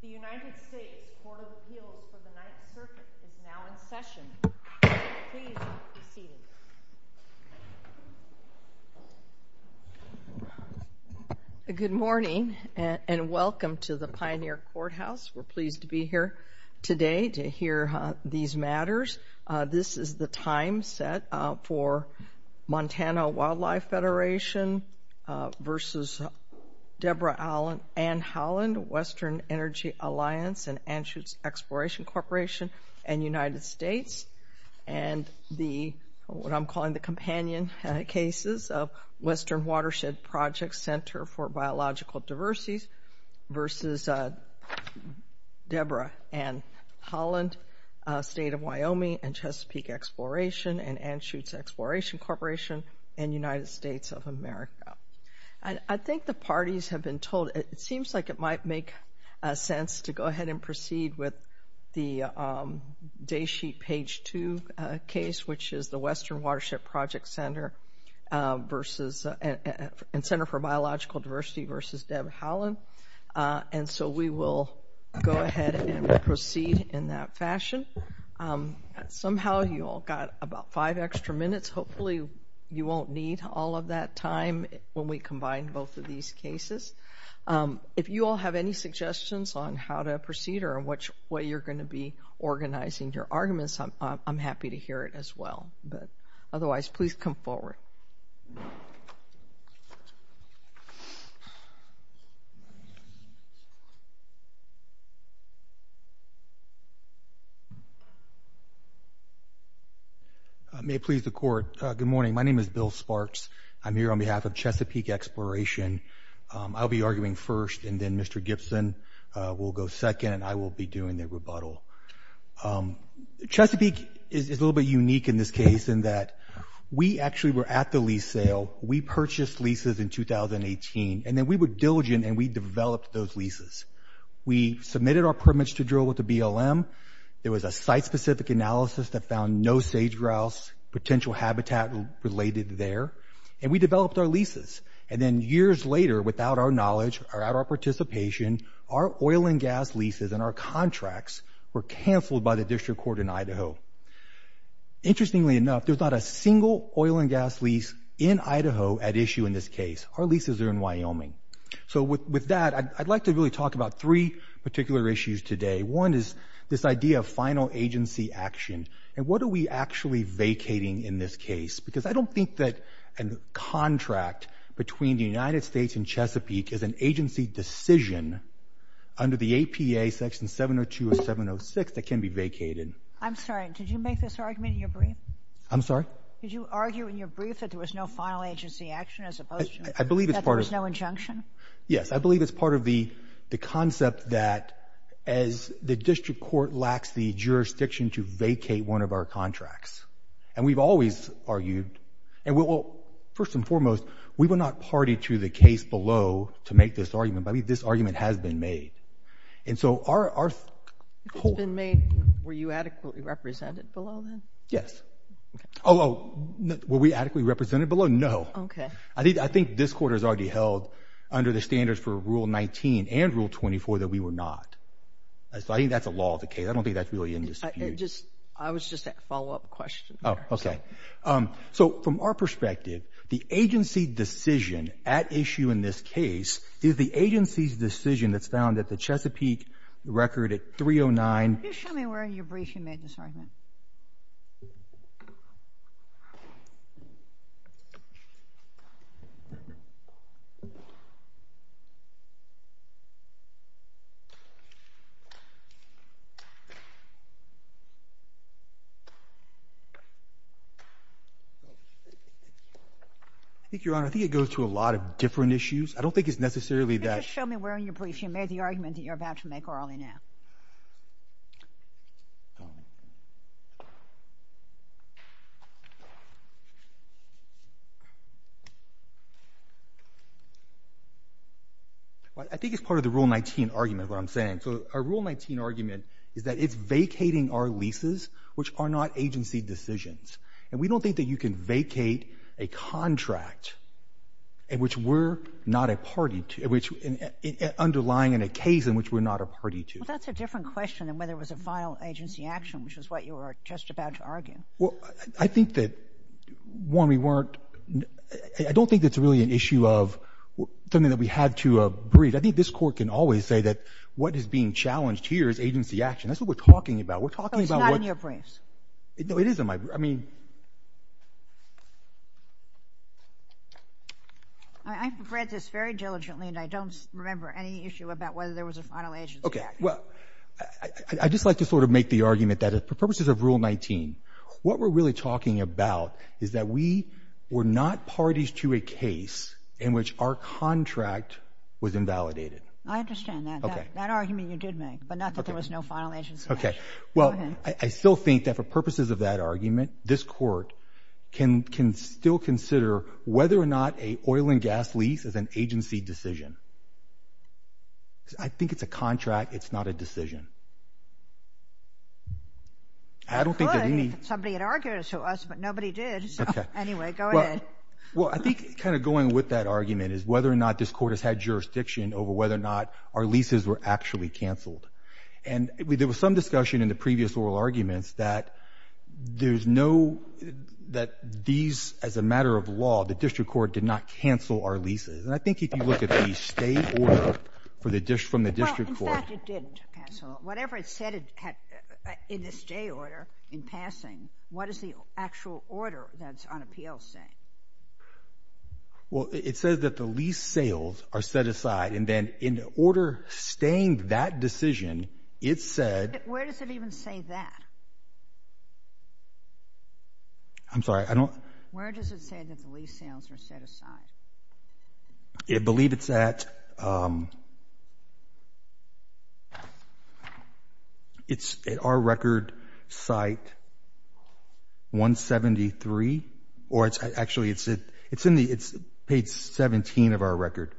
The United States Court of Appeals for the Ninth Circuit is now in session. Please be seated. Good morning and welcome to the Pioneer Courthouse. We're pleased to be here today to hear these matters. This is the time set for Montana Wildlife Federation versus Debra Ann Haaland, Western Energy Alliance and Anschutz Exploration Corporation and United States and the, what I'm calling the companion cases of Western Watersheds Project Center for Biological Diversity versus Debra Ann Haaland, State of Wyoming and Chesapeake Exploration and Anschutz Exploration Corporation and United States. States of America. I think the parties have been told, it seems like it might make sense to go ahead and proceed with the day sheet page two case, which is the Western Watershed Project Center versus, and Center for Biological Diversity versus Debra Haaland. And so we will go ahead and proceed in that fashion. Somehow you all got about five extra minutes. Hopefully you won't need all of that time when we combine both of these cases. If you all have any suggestions on how to proceed or which way you're going to be organizing your arguments, I'm happy to hear it as well. But otherwise, please come forward. I may please the court. Good morning. My name is Bill Sparks. I'm here on behalf of Chesapeake Exploration. I'll be arguing first and then Mr. Gibson will go second. I will be doing the rebuttal. Chesapeake is a little bit unique in this case in that we actually were at the lease sale. We purchased leases in 2018 and then we were diligent and we developed those leases. We submitted our permits to drill with the BLM. It was a site-specific analysis that found no sage-grouse potential habitat related there. And we developed our leases. And then years later, without our knowledge or our participation, our oil and gas leases and our contracts were canceled by the district court in Idaho. Interestingly enough, there's not a single oil and gas lease in Idaho at issue in this case. Our leases are in Wyoming. So with that, I'd like to really talk about three particular issues today. One is this idea of final agency action. And what are we actually vacating in this case? Because I don't think that a contract between the United States and Chesapeake is an agency decision under the APA section 702 or 706 that can be vacated. I'm sorry. Did you make this argument in your brief? I'm sorry? Did you argue in your brief that there was no final agency action as opposed to that there was no injunction? Yes. I believe it's part of the concept that as the district court lacks the jurisdiction to vacate one of our contracts. And we've always argued. And first and foremost, we will not party to the case below to make this argument. This argument has been made. It's been made. Were you adequately represented below then? Yes. Were we adequately represented below? No. I think this court has already held under the standards for Rule 19 and Rule 24 that we were not. I think that's a law of the case. I don't think that's really in this case. I was just a follow-up question. So from our perspective, the agency decision at issue in this case is the agency's decision that's found at the Chesapeake record at 309. Can you show me where in your brief you made this argument? I think, Your Honor, I think it goes to a lot of different issues. I don't think it's necessarily that— Can you just show me where in your brief you made the argument that you're about to make early now? Go on. I think it's part of the Rule 19 argument, is what I'm saying. So our Rule 19 argument is that it's vacating our leases, which are not agency decisions. And we don't think that you can vacate a contract in which we're not a party to—underlying a case in which we're not a party to. Well, that's a different question than whether it was a final agency action, which is what you were just about to argue. Well, I think that, one, we weren't—I don't think it's really an issue of something that we had to brief. I think this Court can always say that what is being challenged here is agency action. That's what we're talking about. That's not in your briefs. No, it is in my—I mean— I've read this very diligently, and I don't remember any issue about whether there was a final agency action. Okay. Well, I'd just like to sort of make the argument that for purposes of Rule 19, what we're really talking about is that we were not parties to a case in which our contract was invalidated. I understand that. That argument you did make, but not that there was no final agency action. Okay. Well, I still think that for purposes of that argument, this Court can still consider whether or not an oil and gas lease is an agency decision. I think it's a contract. It's not a decision. I don't think that any— Well, somebody had argued it to us, but nobody did. Okay. Anyway, go ahead. Well, I think kind of going with that argument is whether or not this Court has had jurisdiction over whether or not our leases were actually canceled. And there was some discussion in the previous oral arguments that there's no—that these, as a matter of law, the District Court did not cancel our leases. And I think if you look at the stay order from the District Court— Well, in fact, it didn't cancel. Whatever it said in the stay order in passing, what does the actual order that's on appeal say? Well, it says that the lease sales are set aside. And then in the order staying that decision, it said— Where does it even say that? I'm sorry. I don't— Where does it say that the lease sales are set aside? It believes it's at— It's at our record site 173. Or it's—actually, it's in the—it's page 17 of our record.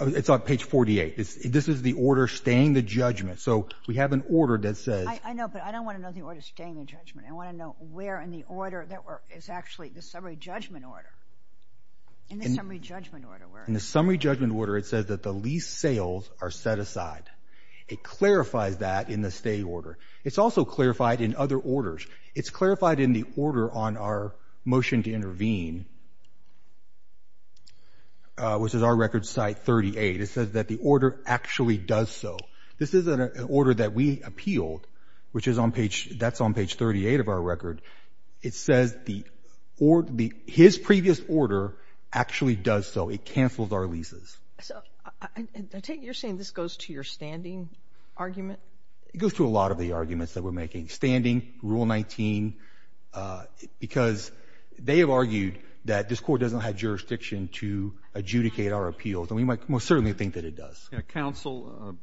It's on page 48. This is the order staying the judgment. So we have an order that says— I know, but I don't want to know the order staying the judgment. I want to know where in the order that we're—it's actually the summary judgment order. In the summary judgment order, where is it? In the summary judgment order, it says that the lease sales are set aside. It clarifies that in the stay order. It's also clarified in other orders. It's clarified in the order on our motion to intervene, which is our record site 38. It says that the order actually does so. This is an order that we appealed, which is on page—that's on page 38 of our record. It says the—his previous order actually does so. It cancels our leases. I take it you're saying this goes to your standing argument? It goes to a lot of the arguments that we're making. Standing, Rule 19, because they have argued that this court doesn't have jurisdiction to adjudicate our appeals. And we most certainly think that it does. Counsel,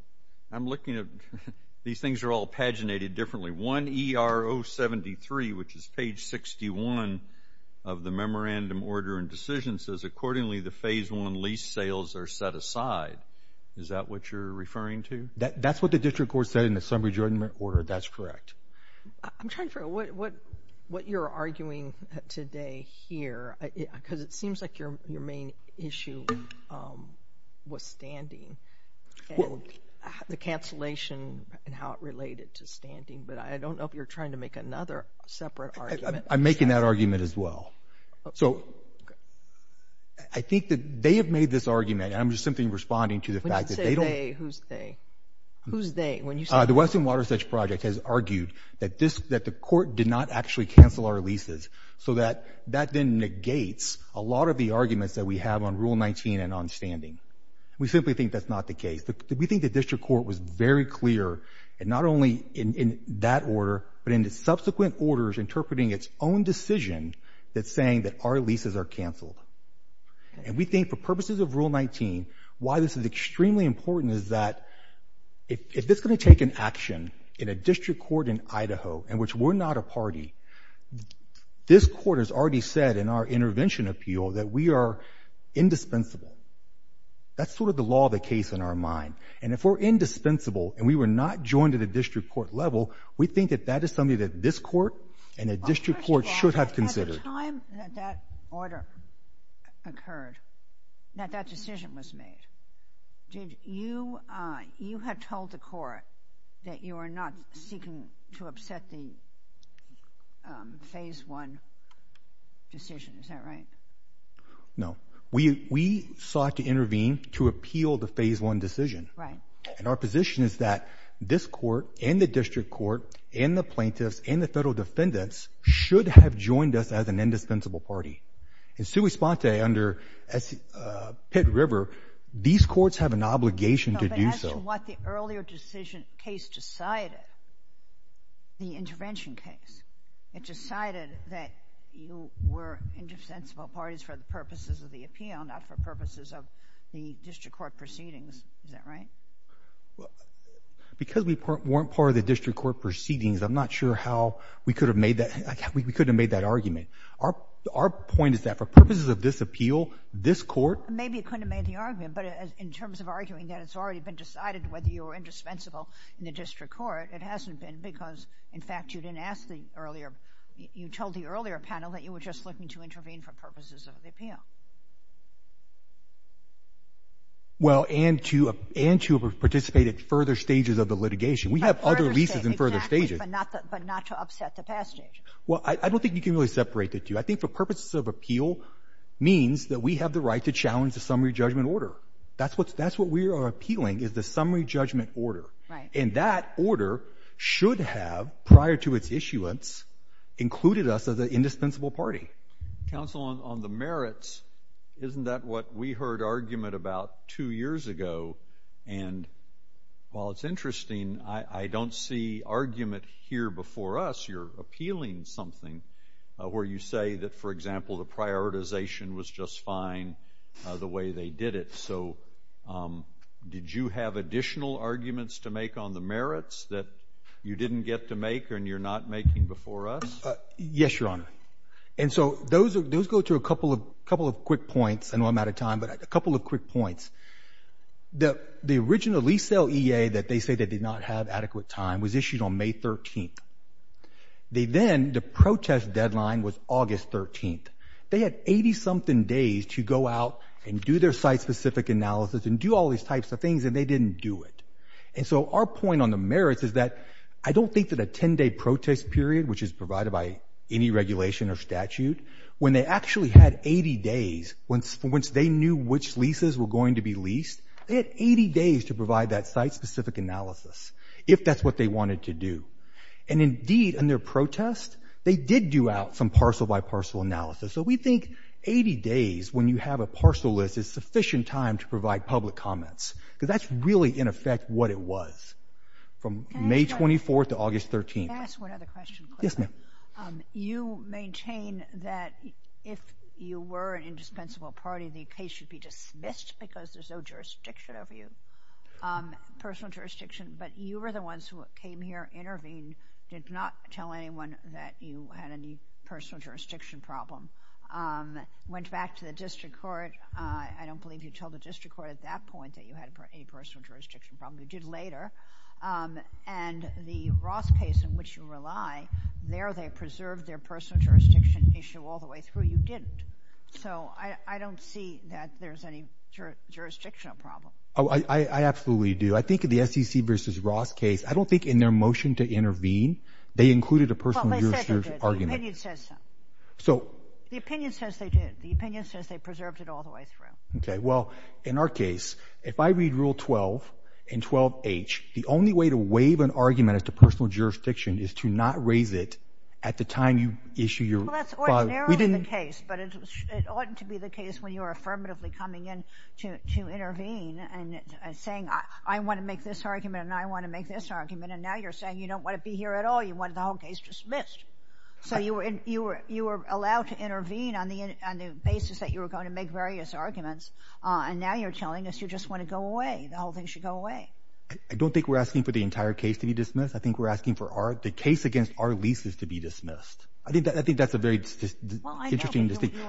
I'm looking at—these things are all paginated differently. 1 ER 073, which is page 61 of the memorandum order and decision, says accordingly the phase one lease sales are set aside. Is that what you're referring to? That's what the district court said in the summary judgment order. That's correct. I'm trying to figure out what you're arguing today here, because it seems like your main issue was standing and the cancellation and how it related to standing. But I don't know if you're trying to make another separate argument. I'm making that argument as well. So I think that they have made this argument, and I'm just simply responding to the fact that they don't— When you say they, who's they? Who's they? The Western Watershed Project has argued that the court did not actually cancel our leases so that that then negates a lot of the arguments that we have on Rule 19 and on standing. We simply think that's not the case. We think the district court was very clear, and not only in that order, but in the subsequent orders interpreting its own decision that's saying that our leases are canceled. And we think for purposes of Rule 19, why this is extremely important is that if it's going to take an action in a district court in Idaho in which we're not a party, this court has already said in our intervention appeal that we are indispensable. That's sort of the law of the case in our mind. And if we're indispensable and we were not joined at a district court level, we think that that is something that this court and a district court should have considered. At the time that that order occurred, that that decision was made, you have told the court that you are not seeking to upset the Phase 1 decision. Is that right? No. We sought to intervene to appeal the Phase 1 decision. Right. And our position is that this court and the district court and the plaintiffs and the federal defendants should have joined us as an indispensable party. In sui sponte under Pitt-River, these courts have an obligation to do so. But as to what the earlier decision case decided, the intervention case, it decided that you were indispensable parties for the purposes of the appeal, not for purposes of the district court proceedings. Is that right? Because we weren't part of the district court proceedings, I'm not sure how we could have made that argument. Our point is that for purposes of this appeal, this court – Maybe you couldn't have made the argument, but in terms of arguing that it's already been decided whether you were indispensable in the district court, it hasn't been because, in fact, you didn't ask the earlier – you told the earlier panel that you were just looking to intervene for purposes of the appeal. Well, and to have participated in further stages of the litigation. We have other reasons in further stages. But not to upset the past. Well, I don't think you can really separate the two. I think for purposes of appeal means that we have the right to challenge the summary judgment order. That's what we are appealing is the summary judgment order. And that order should have, prior to its issuance, included us as an indispensable party. Counsel, on the merits, isn't that what we heard argument about two years ago? And while it's interesting, I don't see argument here before us. You're appealing something where you say that, for example, the prioritization was just fine the way they did it. So did you have additional arguments to make on the merits that you didn't get to make and you're not making before us? Yes, Your Honor. And so those go to a couple of quick points. I know I'm out of time, but a couple of quick points. The original lease sale EA that they say they did not have adequate time was issued on May 13th. Then the protest deadline was August 13th. They had 80-something days to go out and do their site-specific analysis and do all these types of things, and they didn't do it. And so our point on the merits is that I don't think that a 10-day protest period, which is provided by any regulation or statute, when they actually had 80 days, once they knew which leases were going to be leased, they had 80 days to provide that site-specific analysis, if that's what they wanted to do. And, indeed, in their protest, they did do out some parcel-by-parcel analysis. So we think 80 days when you have a parcel list is sufficient time to provide public comments because that's really, in effect, what it was from May 24th to August 13th. Can I ask one other question? Yes, ma'am. You maintain that if you were an indispensable party, the case should be dismissed because there's no jurisdiction over you, personal jurisdiction, but you were the ones who came here, intervened, did not tell anyone that you had any personal jurisdiction problem, went back to the district court. I don't believe you told the district court at that point that you had a personal jurisdiction problem. You did later. And the Roth case in which you rely, there they preserved their personal jurisdiction issue all the way through. You didn't. So I don't see that there's any jurisdictional problem. Oh, I absolutely do. I think that the SEC v. Roth case, I don't think in their motion to intervene, they included a personal jurisdiction argument. The opinion says so. The opinion says they did. The opinion says they preserved it all the way through. Okay. Well, in our case, if I read Rule 12 and 12H, the only way to waive an argument as to personal jurisdiction is to not raise it at the time you issue your... Well, that's ordinarily the case, but it ought to be the case when you're affirmatively coming in to intervene and saying I want to make this argument and I want to make this argument, and now you're saying you don't want to be here at all. You want the whole case dismissed. So you were allowed to intervene on the basis that you were going to make various arguments, and now you're telling us you just want to go away, the whole thing should go away. I don't think we're asking for the entire case to be dismissed. I think we're asking for the case against our leases to be dismissed. I think that's a very interesting distinction.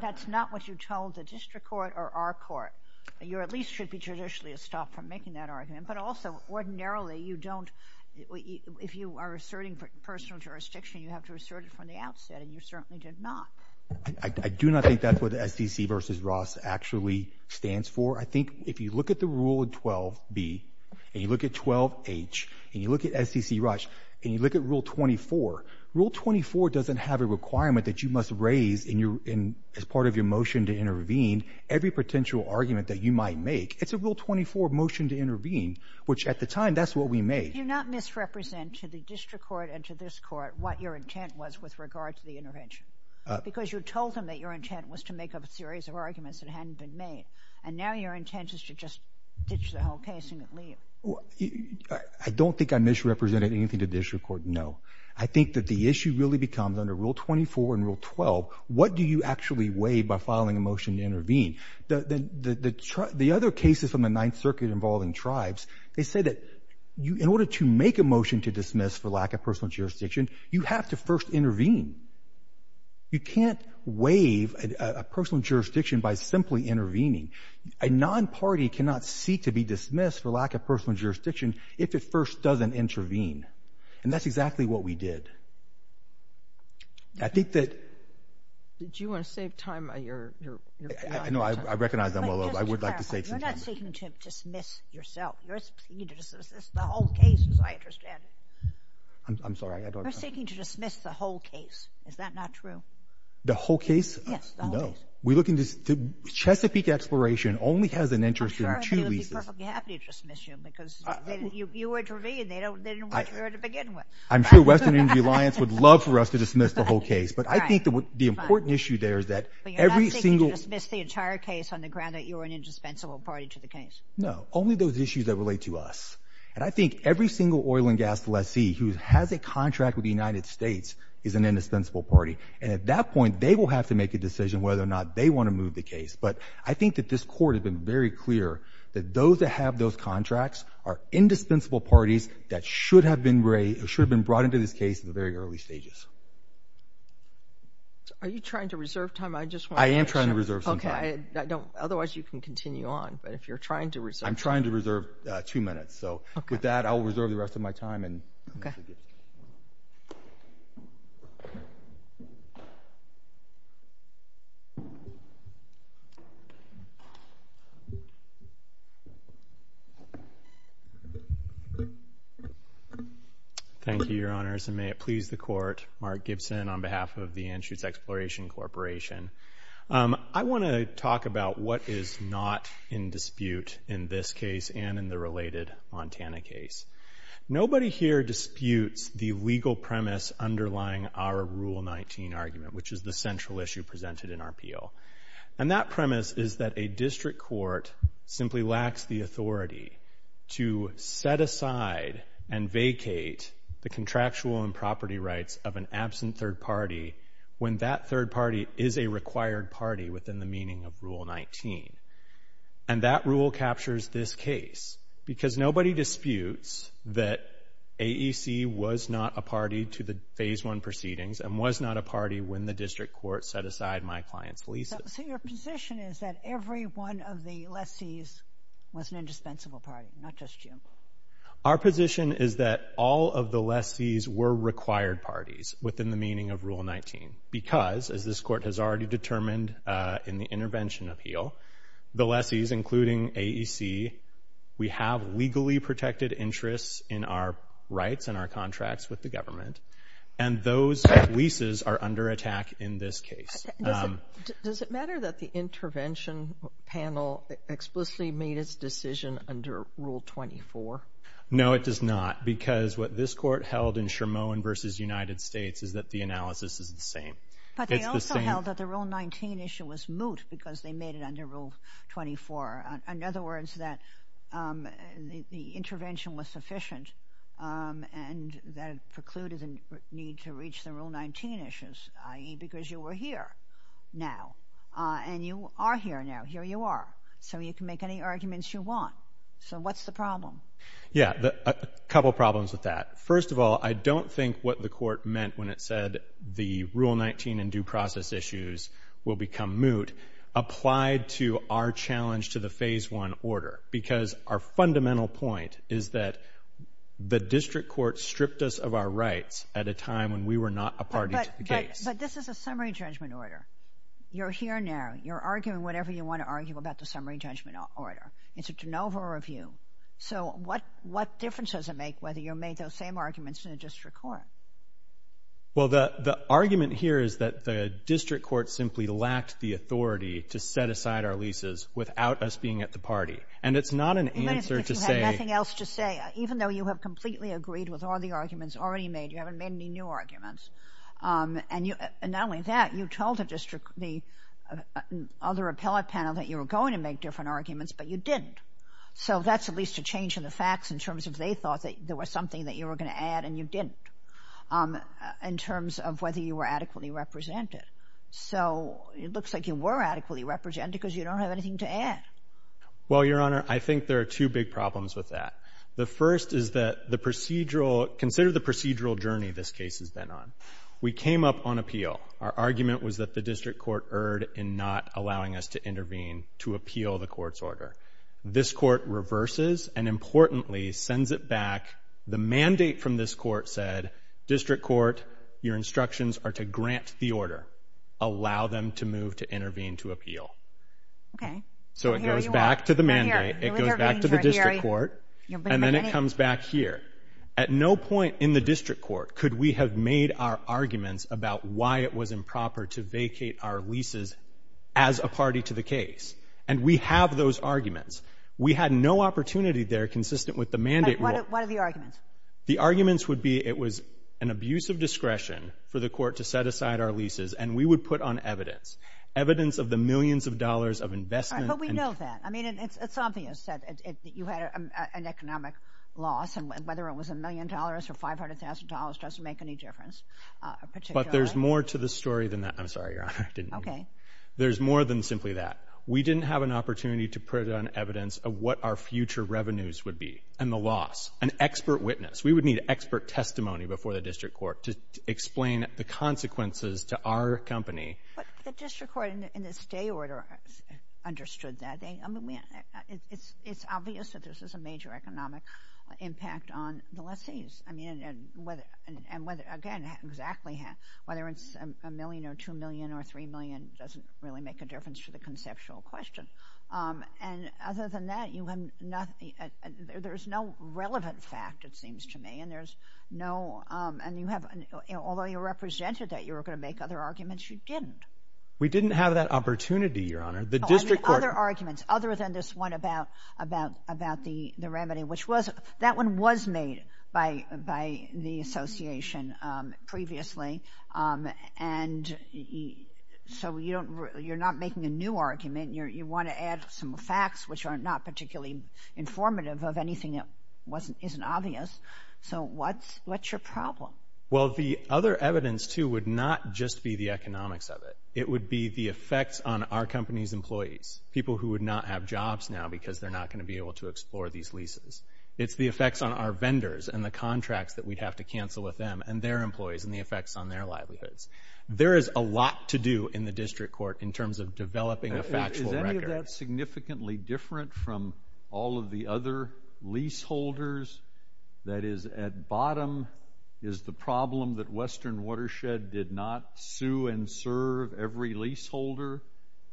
That's not what you told the district court or our court. You at least should be judicially stopped from making that argument. But also, ordinarily, you don't... If you are asserting personal jurisdiction, you have to assert it from the outset, and you certainly did not. I do not think that's what SCC v. Ross actually stands for. I think if you look at the rule in 12B and you look at 12H and you look at SCC-Ross and you look at Rule 24, Rule 24 doesn't have a requirement that you must raise as part of your motion to intervene every potential argument that you might make. It's a Rule 24 motion to intervene, which at the time, that's what we made. Did you not misrepresent to the district court and to this court what your intent was with regard to the intervention? Because you told them that your intent was to make up a series of arguments that hadn't been made, and now your intent is to just ditch the whole case and leave. I don't think I misrepresented anything to the district court, no. I think that the issue really becomes, under Rule 24 and Rule 12, what do you actually weigh by filing a motion to intervene? The other cases from the Ninth Circuit involving tribes, they said that in order to make a motion to dismiss for lack of personal jurisdiction, you have to first intervene. You can't waive a personal jurisdiction by simply intervening. A non-party cannot seek to be dismissed for lack of personal jurisdiction if it first doesn't intervene, and that's exactly what we did. I think that... Did you want to save time on your... No, I recognize I'm a little... I would like to save time. You're not seeking to dismiss yourself. You're seeking to dismiss the whole case, is what I understand. I'm sorry, I don't understand. You're seeking to dismiss the whole case. Is that not true? The whole case? No. Chesapeake Exploration only has an interest in two reasons. Sure, I'd be perfectly happy to dismiss you, because you intervened and they didn't want you there to begin with. I'm sure Western Indian Alliance would love for us to dismiss the whole case. But I think the important issue there is that every single... But you're not seeking to dismiss the entire case on the ground that you're an indispensable party to the case. No, only those issues that relate to us. And I think every single oil and gas lessee who has a contract with the United States is an indispensable party. And at that point, they will have to make the decision whether or not they want to move the case. But I think that this Court has been very clear that those that have those contracts are indispensable parties that should have been brought into this case in the very early stages. Are you trying to reserve time? I am trying to reserve some time. Otherwise, you can continue on. But if you're trying to reserve... I'm trying to reserve two minutes. So with that, I'll reserve the rest of my time. Thank you, Your Honors. And may it please the Court, Mark Gibson on behalf of the Anschutz Exploration Corporation. I want to talk about what is not in dispute in this case and in the related Montana case. Nobody here disputes the legal premise underlying our Rule 19 argument, which is the central issue presented in our appeal. And that premise is that a district court simply lacks the authority to set aside and vacate the contractual and property rights of an absent third party when that third party is a required party within the meaning of Rule 19. And that rule captures this case because nobody disputes that AEC was not a party to the Phase 1 proceedings and was not a party when the district court set aside my client's leases. So your position is that every one of the lessees was an indispensable party, not just you? Our position is that all of the lessees were required parties within the meaning of Rule 19 because, as this Court has already determined in the intervention appeal, the lessees, including AEC, we have legally protected interests in our rights and our contracts with the government, and those leases are under attack in this case. Does it matter that the intervention panel explicitly made its decision under Rule 24? No, it does not, because what this Court held in Chermolyn v. United States is that the analysis is the same. But they also held that the Rule 19 issue was moot because they made it under Rule 24. In other words, that the intervention was sufficient and that precluded the need to reach the Rule 19 issues, i.e., because you were here now. And you are here now. Here you are. So you can make any arguments you want. So what's the problem? Yeah, a couple problems with that. First of all, I don't think what the Court meant when it said the Rule 19 and due process issues will become moot applied to our challenge to the Phase 1 order, because our fundamental point is that the district court stripped us of our rights at a time when we were not a party to the case. But this is a summary judgment order. You're here now. You're arguing whatever you want to argue about the summary judgment order. It's a de novo review. So what difference does it make whether you made those same arguments in a district court? Well, the argument here is that the district court simply lacked the authority to set aside our leases without us being at the party. And it's not an answer to say... But you had nothing else to say. Even though you have completely agreed with all the arguments already made, you haven't made any new arguments. And not only that, you told the other appellate panel that you were going to make different arguments, but you didn't. So that's at least a change in the facts in terms of they thought that there was something that you were going to add and you didn't in terms of whether you were adequately represented. So it looks like you were adequately represented because you don't have anything to add. Well, Your Honor, I think there are two big problems with that. The first is that the procedural... Consider the procedural journey this case has been on. We came up on appeal. Our argument was that the district court erred in not allowing us to intervene to appeal the court's order. This court reverses and, importantly, sends it back. The mandate from this court said, district court, your instructions are to grant the order. Allow them to move to intervene to appeal. Okay. So it goes back to the mandate. It goes back to the district court, and then it comes back here. At no point in the district court could we have made our arguments about why it was improper to vacate our leases as a party to the case, and we have those arguments. We had no opportunity there consistent with the mandate rule. What are the arguments? The arguments would be it was an abuse of discretion for the court to set aside our leases, and we would put on evidence, evidence of the millions of dollars of investment... But we know that. I mean, it's obvious that you had an economic loss, and whether it was a million dollars or $500,000 doesn't make any difference. But there's more to the story than that. I'm sorry, Your Honor, I didn't mean that. There's more than simply that. We didn't have an opportunity to put on evidence of what our future revenues would be and the loss. An expert witness. We would need expert testimony before the district court to explain the consequences to our company. But the district court in its day order understood that. I mean, it's obvious that this was a major economic impact on the leases. I mean, and whether, again, exactly, whether it's a million or $2 million or $3 million doesn't really make a difference to the conceptual question. And other than that, you have not seen... There's no relevant fact, it seems to me, and there's no... And you have, although you represented that you were going to make other arguments, you didn't. We didn't have that opportunity, Your Honor. The district court... Other arguments, other than this one about the remedy, which that one was made by the association previously. And so you're not making a new argument. You want to add some facts, which are not particularly informative of anything that isn't obvious. So what's your problem? Well, the other evidence, too, would not just be the economics of it. It would be the effects on our company's employees, people who would not have jobs now because they're not going to be able to explore these leases. It's the effects on our vendors and the contracts that we'd have to cancel with them and their employees and the effects on their livelihoods. There is a lot to do in the district court in terms of developing a factual record. Is any of that significantly different from all of the other leaseholders? That is, at bottom, is the problem that Western Watershed did not sue and serve every leaseholder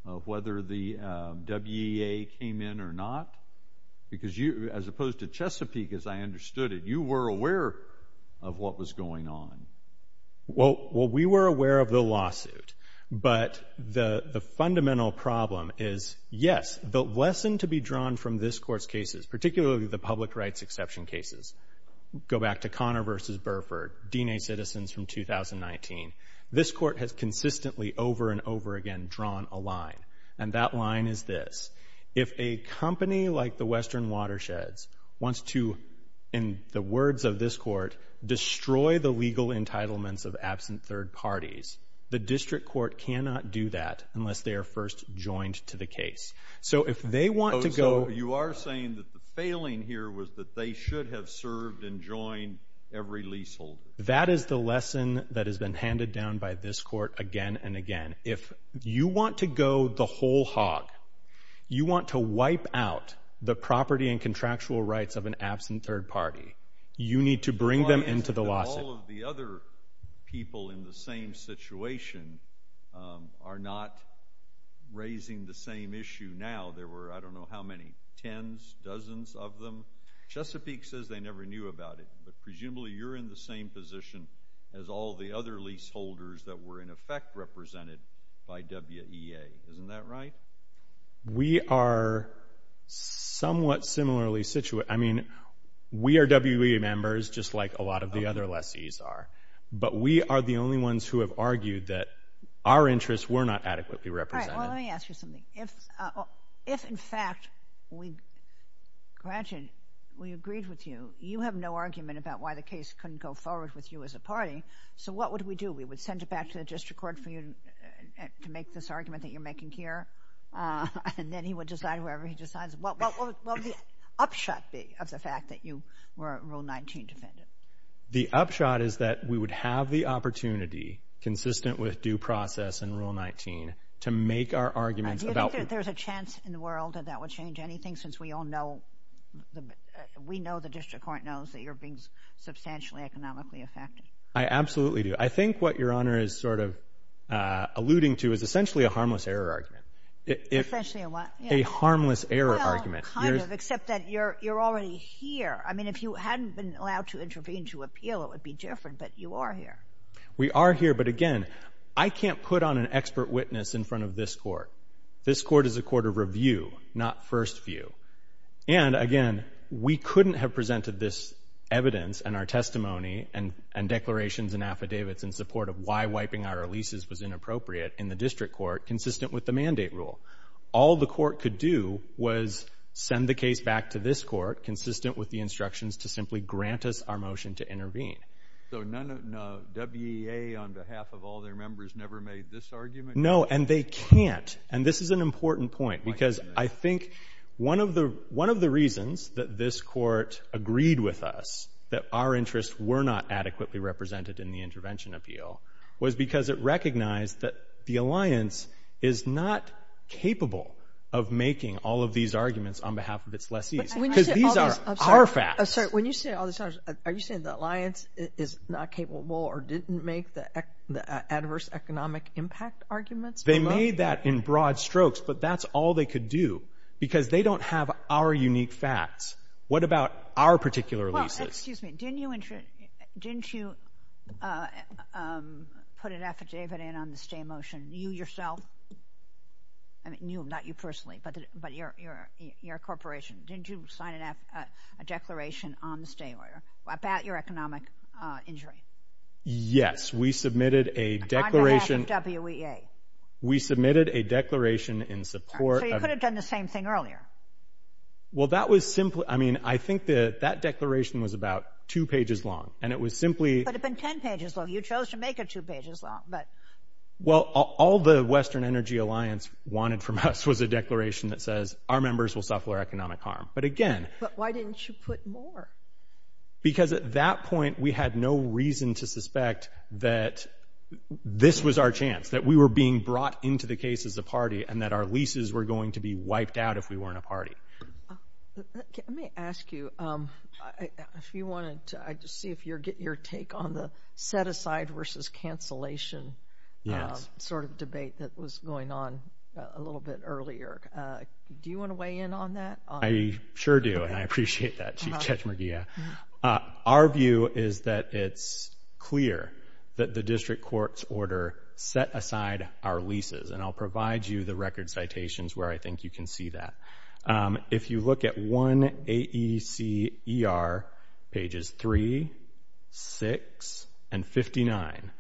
of whether the WEA came in or not? Because as opposed to Chesapeake, as I understood it, you were aware of what was going on. Well, we were aware of the lawsuit. But the fundamental problem is, yes, the lesson to be drawn from this court's cases, particularly the public rights exception cases, go back to Connor v. Burford, DNA Citizens from 2019, this court has consistently over and over again drawn a line. And that line is this. If a company like the Western Watershed wants to, in the words of this court, destroy the legal entitlements of absent third parties, the district court cannot do that unless they are first joined to the case. So if they want to go... You are saying that the failing here was that they should have served and joined every leaseholder. That is the lesson that has been handed down by this court again and again. If you want to go the whole hog, you want to wipe out the property and contractual rights of an absent third party, you need to bring them into the lawsuit. All of the other people in the same situation are not raising the same issue now. There were, I don't know how many, tens, dozens of them. Chesapeake says they never knew about it. But presumably you're in the same position as all the other leaseholders that were in effect represented by WEA. Isn't that right? We are somewhat similarly situated. I mean, we are WEA members, just like a lot of the other lessees are. But we are the only ones who have argued that our interests were not adequately represented. All right, well, let me ask you something. If, in fact, we graduated, we agreed with you, you have no argument about why the case couldn't go forward with you as a party, so what would we do? We would send it back to the district court to make this argument that you're making here? And then he would decide, whatever he decides, what would the upshot be of the fact that you were Rule 19-dependent? The upshot is that we would have the opportunity, consistent with due process and Rule 19, to make our argument about... Do you think that there's a chance in the world that that would change anything, since we all know, we know the district court knows that you're being substantially economically affected? I absolutely do. I think what Your Honor is sort of alluding to is essentially a harmless error argument. Essentially a what? A harmless error argument. Well, kind of, except that you're already here. I mean, if you hadn't been allowed to intervene to appeal, it would be different, but you are here. We are here, but again, I can't put on an expert witness in front of this court. This court is a court of review, not first view. And again, we couldn't have presented this evidence and our testimony and declarations and affidavits in support of why wiping our releases was inappropriate in the district court, consistent with the mandate rule. All the court could do was send the case back to this court, consistent with the instructions to simply grant us our motion to intervene. So WEA, on behalf of all their members, never made this argument? No, and they can't. And this is an important point, because I think one of the reasons that this court agreed with us that our interests were not adequately represented in the intervention appeal was because it recognized that the alliance is not capable of making all of these arguments on behalf of its lessees. Because these are our facts. I'm sorry, when you say all the times, are you saying the alliance is not capable or didn't make the adverse economic impact arguments? They made that in broad strokes, but that's all they could do, because they don't have our unique facts. What about our particular releases? Well, excuse me, didn't you put an affidavit in on the stay motion, you yourself? I mean, not you personally, but your corporation. Didn't you sign a declaration on the stay order about your economic injury? Yes, we submitted a declaration. On behalf of WEA? We submitted a declaration in support of... So you could have done the same thing earlier? Well, that was simply... I mean, I think that declaration was about two pages long, and it was simply... But it had been 10 pages long. You chose to make it two pages long, but... Well, all the Western Energy Alliance wanted from us was a declaration that says our members will suffer economic harm. But again... But why didn't you put more? Because at that point, we had no reason to suspect that this was our chance, that we were being brought into the case of the party and that our leases were going to be wiped out if we weren't a party. Let me ask you, if you wanted to... I'd just see if you're getting your take on the set-aside versus cancellation sort of debate that was going on a little bit earlier. Do you want to weigh in on that? I sure do, and I appreciate that, Chief Judge McGeough. Our view is that it's clear that the district court's order set aside our leases, and I'll provide you the record citations where I think you can see that. If you look at 1AECER, pages 3, 6, and 59,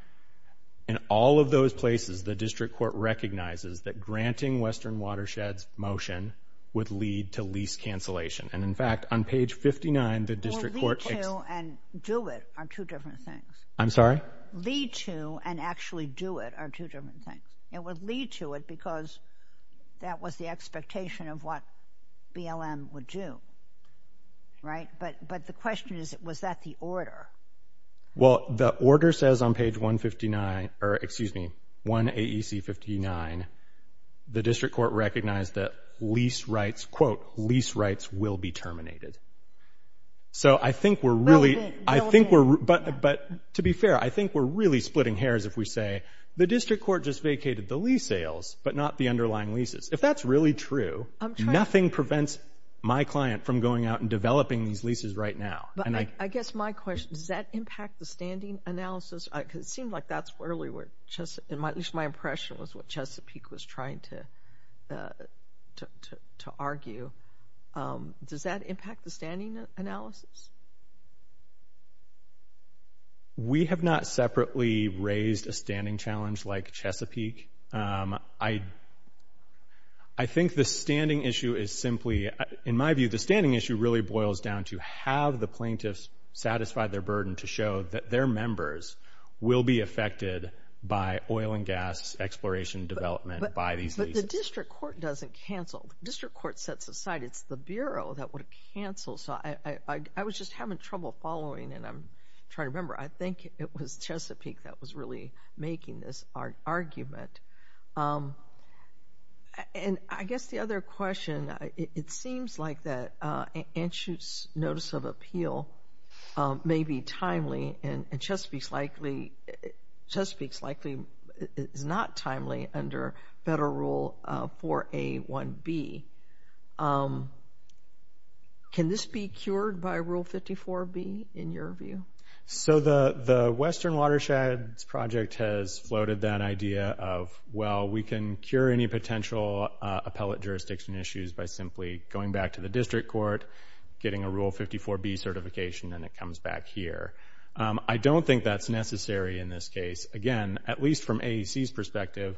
in all of those places, the district court recognizes that granting Western Watersheds motion would lead to lease cancellation. And in fact, on page 59, the district court... Would lead to and do it are two different things. I'm sorry? Lead to and actually do it are two different things. It would lead to it because that was the expectation of what BLM would do, right? But the question is, was that the order? Well, the order says on page 159... Excuse me, 1AEC59. The district court recognized that lease rights, quote, lease rights will be terminated. So I think we're really... But to be fair, I think we're really splitting hairs if we say the district court just vacated the lease sales but not the underlying leases. If that's really true, nothing prevents my client from going out and developing these leases right now. I guess my question, does that impact the standing analysis? Because it seems like that's where we were... At least my impression was what Chesapeake was trying to argue. Does that impact the standing analysis? We have not separately raised a standing challenge like Chesapeake. I think the standing issue is simply... In my view, the standing issue really boils down to have the plaintiffs satisfy their burden to show that their members will be affected by oil and gas exploration development by these leases. But the district court doesn't cancel. District court sets aside. It's the Bureau that would cancel. So I was just having trouble following and I'm trying to remember. I think it was Chesapeake that was really making this argument. And I guess the other question, it seems like that anxious notice of appeal may be timely and Chesapeake's likely... Chesapeake's likely not timely under Federal Rule 4A1B. Can this be cured by Rule 54B in your view? So the Western Watershed Project has floated that idea of, well, we can cure any potential appellate jurisdiction issues by simply going back to the district court, getting a Rule 54B certification, and it comes back here. I don't think that's necessary in this case. Again, at least from AEC's perspective,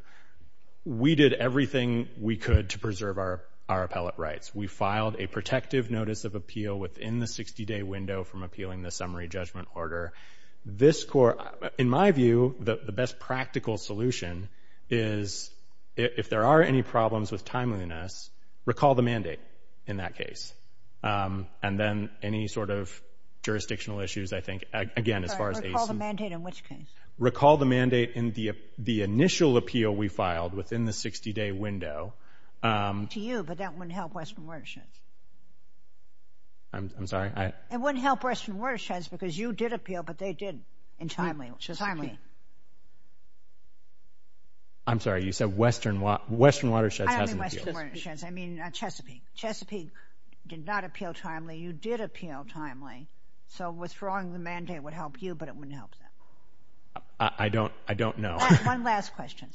we did everything we could to preserve our appellate rights. We filed a protective notice of appeal within the 60-day window from appealing the summary judgment order. In my view, the best practical solution is if there are any problems with timeliness, recall the mandate in that case. And then any sort of jurisdictional issues, I think, again, as far as AEC... Sorry, recall the mandate in which case? Recall the mandate in the initial appeal we filed within the 60-day window. To you, but that wouldn't help Western Watersheds. I'm sorry? It wouldn't help Western Watersheds because you did appeal, but they didn't in timeliness, which is timely. I'm sorry. You said Western Watersheds hasn't appealed. I mean Chesapeake. Chesapeake did not appeal timely. You did appeal timely. So withdrawing the mandate would help you, but it wouldn't help them. I don't know. One last question.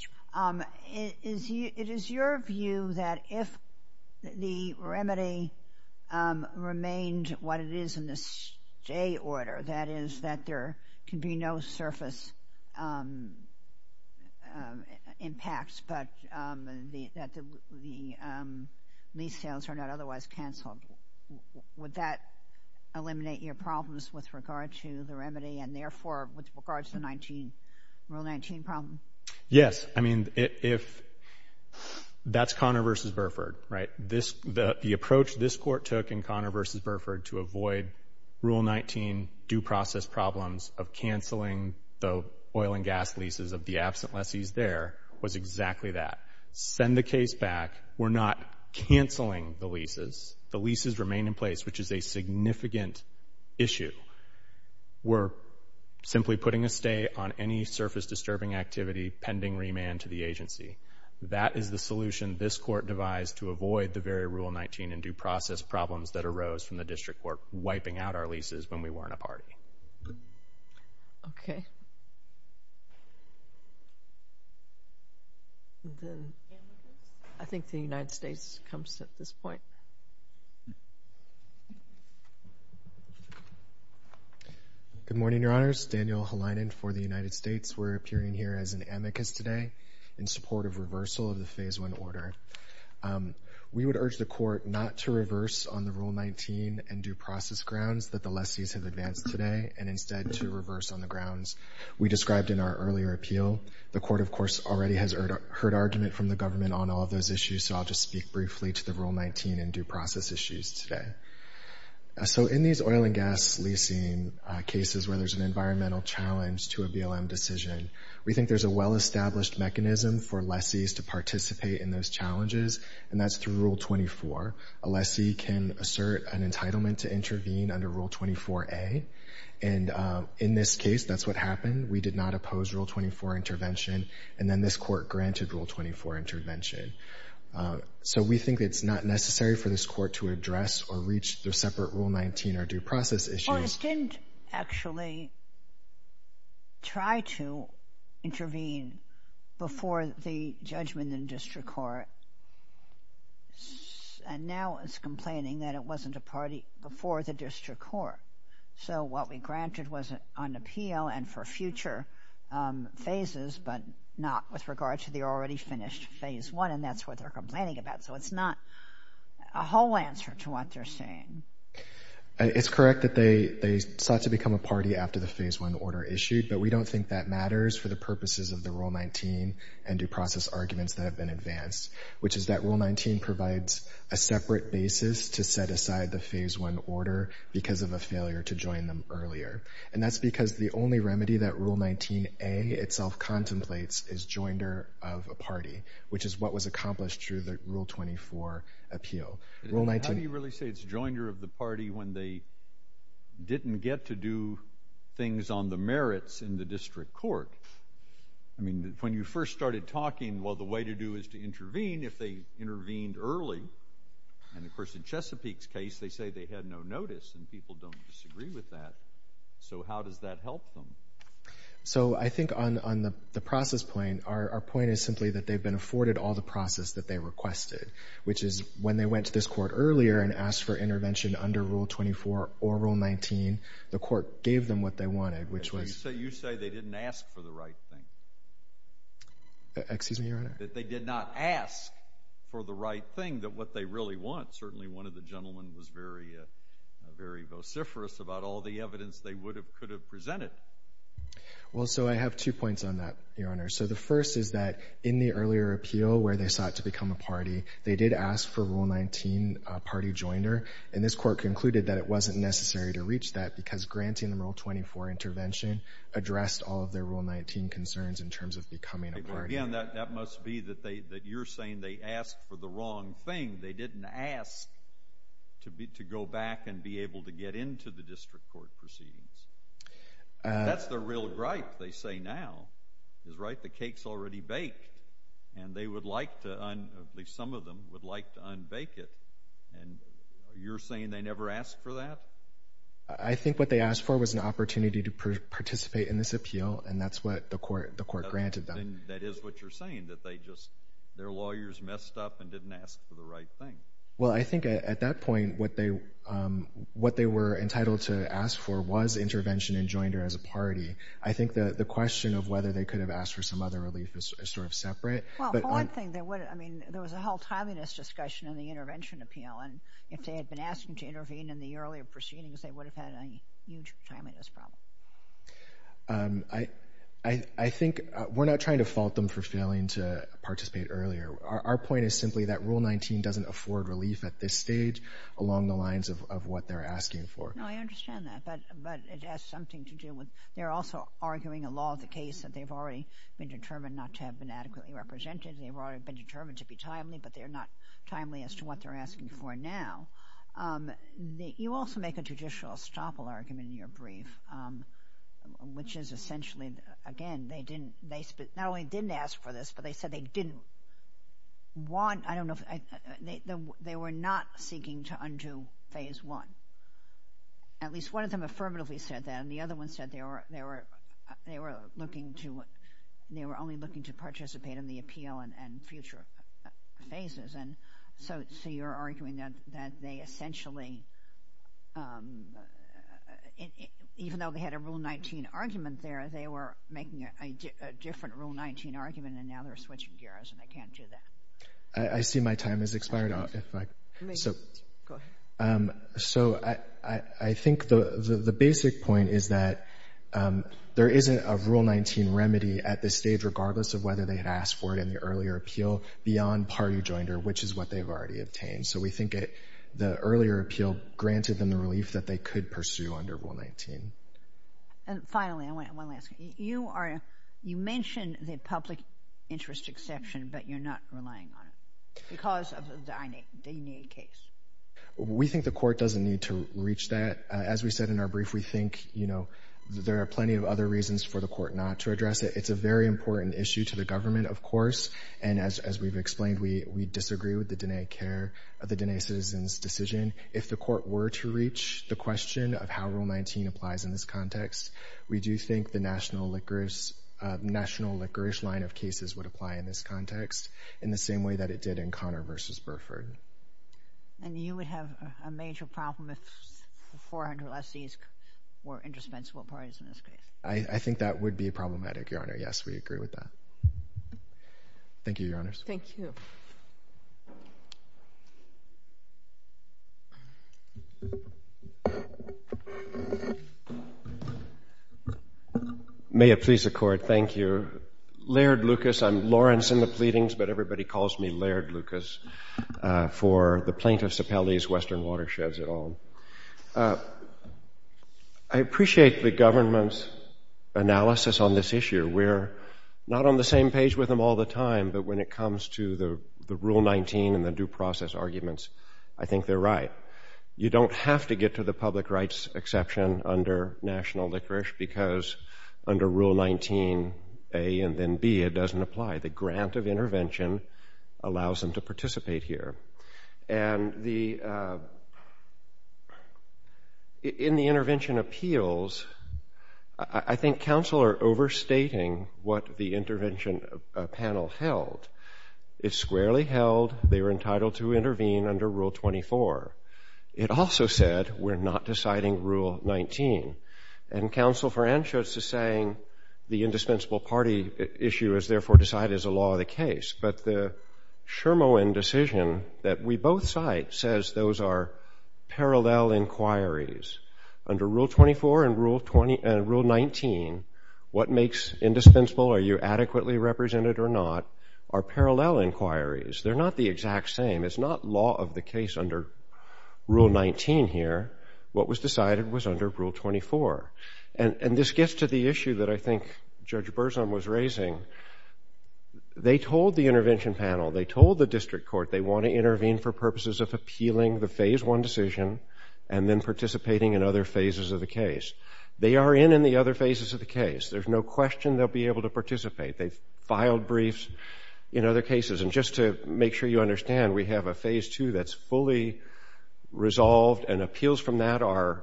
It is your view that if the remedy remained what it is in the stay order, that is that there can be no surface impacts, but that the lease sales are not otherwise canceled, would that eliminate your problems with regard to the remedy and therefore with regard to the Rule 19 problem? Yes. I mean, that's Connor v. Burford, right? The approach this court took in Connor v. Burford to avoid Rule 19 due process problems of canceling the oil and gas leases of the absent lessees there was exactly that. Send the case back. We're not canceling the leases. The leases remain in place, which is a significant issue. We're simply putting a stay on any surface disturbing activity pending remand to the agency. That is the solution this court devised to avoid the very Rule 19 and due process problems that arose from the District Court wiping out our leases when we weren't a party. Okay. I think the United States comes to this point. Good morning, Your Honors. Daniel Helinen for the United States. We're appearing here as an amicus today in support of reversal of the Phase 1 order. We would urge the court not to reverse on the Rule 19 and due process grounds that the lessees have advanced today and instead to reverse on the grounds we described in our earlier appeal. The court, of course, already has heard argument from the government on all of those issues, so I'll just speak briefly to the Rule 19 and due process issues today. So in these oil and gas leasing cases where there's an environmental challenge to a BLM decision, we think there's a well-established mechanism for lessees to participate in those challenges, and that's through Rule 24. A lessee can assert an entitlement to intervene under Rule 24A, and in this case, that's what happened. We did not oppose Rule 24 intervention, and then this court granted Rule 24 intervention. So we think it's not necessary for this court to address or reach their separate Rule 19 or due process issues. We just didn't actually try to intervene before the judgment in district court, and now it's complaining that it wasn't a party before the district court. So what we granted was an appeal and for future phases, but not with regard to the already finished Phase 1, and that's what we're complaining about. So it's not a whole answer to what they're saying. It's correct that they sought to become a party after the Phase 1 order issued, but we don't think that matters for the purposes of the Rule 19 and due process arguments that have been advanced, which is that Rule 19 provides a separate basis to set aside the Phase 1 order because of a failure to join them earlier, and that's because the only remedy that Rule 19A itself contemplates is joinder of a party, which is what was accomplished through the Rule 24 appeal. How do you really say it's joinder of the party when they didn't get to do things on the merits in the district court? I mean, when you first started talking, well, the way to do is to intervene if they intervened early, and, of course, in Chesapeake's case, they say they had no notice, and people don't disagree with that. So how does that help them? So I think on the process plane, our point is simply that they've been afforded all the process that they requested, which is when they went to this court earlier and asked for intervention under Rule 24 or Rule 19, the court gave them what they wanted, which was... You say they didn't ask for the right thing. Excuse me, Your Honor? That they did not ask for the right thing, that what they really want. Certainly one of the gentlemen was very vociferous about all the evidence they could have presented. Well, so I have two points on that, Your Honor. So the first is that in the earlier appeal where they sought to become a party, they did ask for Rule 19, a party joiner, and this court concluded that it wasn't necessary to reach that because granting the Rule 24 intervention addressed all of their Rule 19 concerns in terms of becoming a party. Again, that must be that you're saying they asked for the wrong thing. They didn't ask to go back and be able to get into the district court proceedings. That's their real gripe, they say now, is, right, the cake's already baked, and they would like to, at least some of them, would like to unbake it, and you're saying they never asked for that? I think what they asked for was an opportunity to participate in this appeal, and that's what the court granted them. That is what you're saying, that they just... their lawyers messed up and didn't ask for the right thing. Well, I think at that point, what they were entitled to ask for was intervention in joinder as a party. I think the question of whether they could have asked for some other relief is sort of separate. Well, one thing, there was a whole time in this discussion in the intervention appeal, and if they had been asked to intervene in the earlier proceedings, they would have had a huge time in this problem. I think we're not trying to fault them for failing to participate earlier. Our point is simply that Rule 19 doesn't afford relief at this stage along the lines of what they're asking for. No, I understand that, but it has something to do with... you're also arguing a law of the case that they've already been determined not to have been adequately represented, they've already been determined to be timely, but they're not timely as to what they're asking for now. You also make a judicial estoppel argument in your brief, which is essentially, again, they didn't... not only didn't ask for this, but they said they didn't want... I don't know if... they were not seeking to undo Phase 1. At least one of them affirmatively said that, and the other one said they were looking to... they were only looking to participate in the appeal and future phases. And so you're arguing that they essentially... even though they had a Rule 19 argument there, they were making a different Rule 19 argument, and now they're switching gears and they can't do that. I see my time has expired, if I... Go ahead. So I think the basic point is that there isn't a Rule 19 remedy at this stage, regardless of whether they had asked for it in the earlier appeal, beyond party joinder, which is what they've already obtained. So we think the earlier appeal granted them the relief that they could pursue under Rule 19. And finally, one last thing. You mentioned the public interest exception, but you're not relying on it, because of the Dainey case. We think the court doesn't need to reach that. As we said in our brief, we think, you know, there are plenty of other reasons for the court not to address it. It's a very important issue to the government, of course, and as we've explained, we disagree with the Dainey care of the Dainey citizens' decision. If the court were to reach the question of how Rule 19 applies in this context, we do think the national licorice line of cases would apply in this context, in the same way that it did in Connor v. Burford. And you would have a major problem if the 400 lessees were indispensable parties in this case? I think that would be problematic, Your Honor. Yes, we agree with that. Thank you, Your Honors. Thank you. May it please the Court. Thank you. Laird Lucas. I'm Lawrence in the pleadings, but everybody calls me Laird Lucas. For the plaintiffs' appellees, Western Watersheds, et al. I appreciate the government's analysis on this issue. We're not on the same page with them all the time, but when it comes to the Rule 19 and the due process arguments, I think they're right. You don't have to get to the public rights exception under national licorice, because under Rule 19A and then B, it doesn't apply. The grant of intervention allows them to participate here. And in the intervention appeals, I think counsel are overstating what the intervention panel held. It squarely held they were entitled to intervene under Rule 24. It also said we're not deciding Rule 19. And counsel for entrance is saying the indispensable party issue is therefore decided as a law of the case. But the Shermoen decision that we both cite says those are parallel inquiries. Under Rule 24 and Rule 19, what makes indispensable, are you adequately represented or not, are parallel inquiries. They're not the exact same. It's not law of the case under Rule 19 here. What was decided was under Rule 24. And this gets to the issue that I think Judge Burson was raising. They told the intervention panel, they told the district court they want to intervene for purposes of appealing the Phase 1 decision and then participating in other phases of the case. They are in in the other phases of the case. There's no question they'll be able to participate. They've filed briefs in other cases. And just to make sure you understand, we have a Phase 2 that's fully resolved and appeals from that are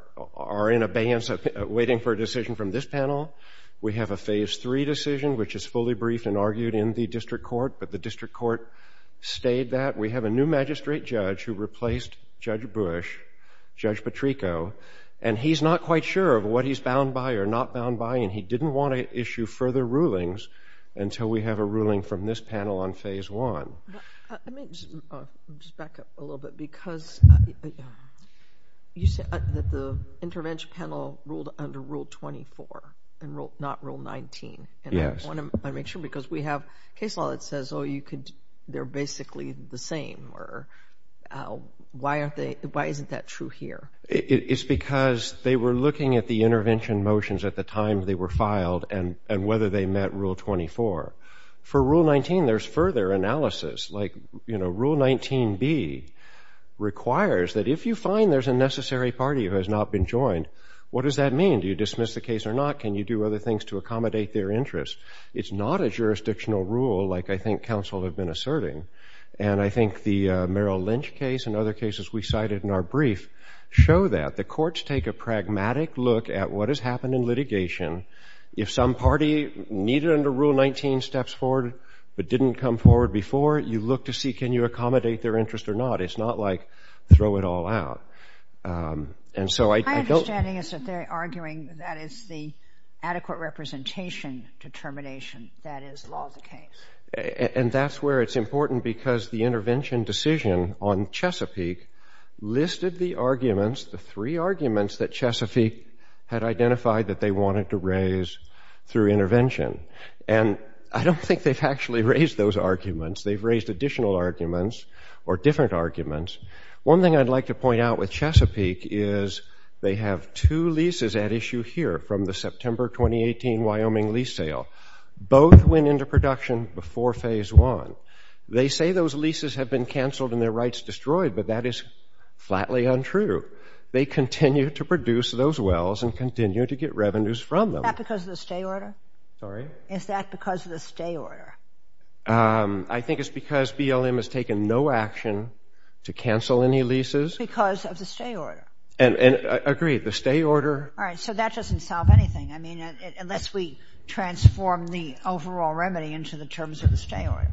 in abeyance waiting for a decision from this panel. We have a Phase 3 decision which is fully briefed and argued in the district court. But the district court stayed that. We have a new magistrate judge who replaced Judge Bush, Judge Petrico. And he's not quite sure of what he's bound by or not bound by. And he didn't want to issue further rulings until we have a ruling from this panel on Phase 1. Let me just back up a little bit because you said that the intervention panel ruled under Rule 24 and not Rule 19. Yes. I want to make sure because we have case law that says they're basically the same. Why isn't that true here? It's because they were looking at the intervention motions at the time they were filed and whether they met Rule 24. For Rule 19, there's further analysis. Rule 19b requires that if you find there's a necessary party who has not been joined, what does that mean? Do you dismiss the case or not? Can you do other things to accommodate their interests? It's not a jurisdictional rule like I think counsel have been asserting. And I think the Merrill Lynch case and other cases we cited in our brief show that. The courts take a pragmatic look at what has happened in litigation. If some party needed under Rule 19 steps forward but didn't come forward before, you look to see can you accommodate their interest or not. It's not like throw it all out. My understanding is that they're arguing that is the adequate representation determination that is law of the case. And that's where it's important because the intervention decision on Chesapeake listed the arguments, the three arguments that Chesapeake had identified that they wanted to raise through intervention. And I don't think they've actually raised those arguments. They've raised additional arguments or different arguments. One thing I'd like to point out with Chesapeake is they have two leases at issue here from the September 2018 Wyoming lease sale. Both went into production before phase one. They say those leases have been canceled and their rights destroyed, but that is flatly untrue. They continue to produce those wells and continue to get revenues from them. Is that because of the stay order? Sorry? Is that because of the stay order? I think it's because BLM has taken no action to cancel any leases. Because of the stay order. I agree, the stay order... All right, so that doesn't solve anything unless we transform the overall remedy into the terms of the stay order.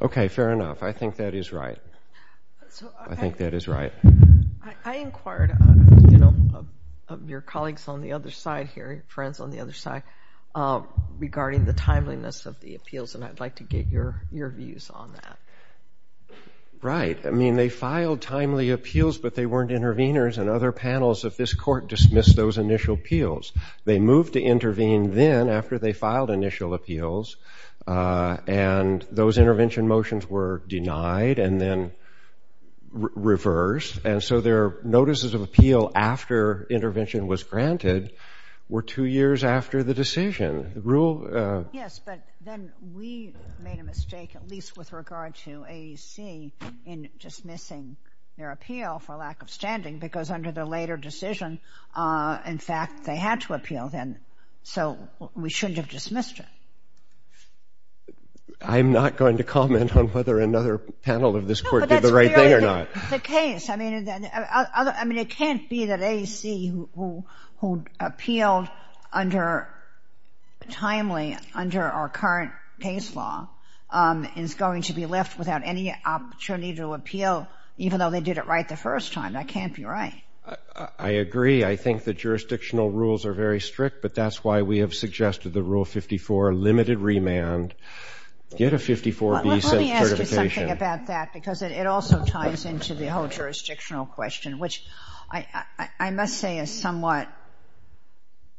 Okay, fair enough. I think that is right. I think that is right. I inquired of your colleagues on the other side here, friends on the other side, regarding the timeliness of the appeals and I'd like to get your views on that. Right, I mean, they filed timely appeals but they weren't intervenors and other panels of this court dismissed those initial appeals. They moved to intervene then after they filed initial appeals and those intervention motions were denied and then reversed and so their notices of appeal after intervention was granted were two years after the decision. Yes, but then we made a mistake, at least with regard to AEC, in dismissing their appeal for lack of standing because under the later decision, in fact, they had to appeal then so we shouldn't have dismissed it. I'm not going to comment on whether another panel of this court did the right thing or not. No, but that's the case. I mean, it can't be that AEC who appealed under, timely under our current case law is going to be left without any opportunity to appeal even though they did it right the first time. That can't be right. I agree. I think the jurisdictional rules are very strict but that's why we have suggested the Rule 54, limited remand, get a 54B certification. Let me ask you something about that because it also ties into the whole jurisdictional question which I must say is somewhat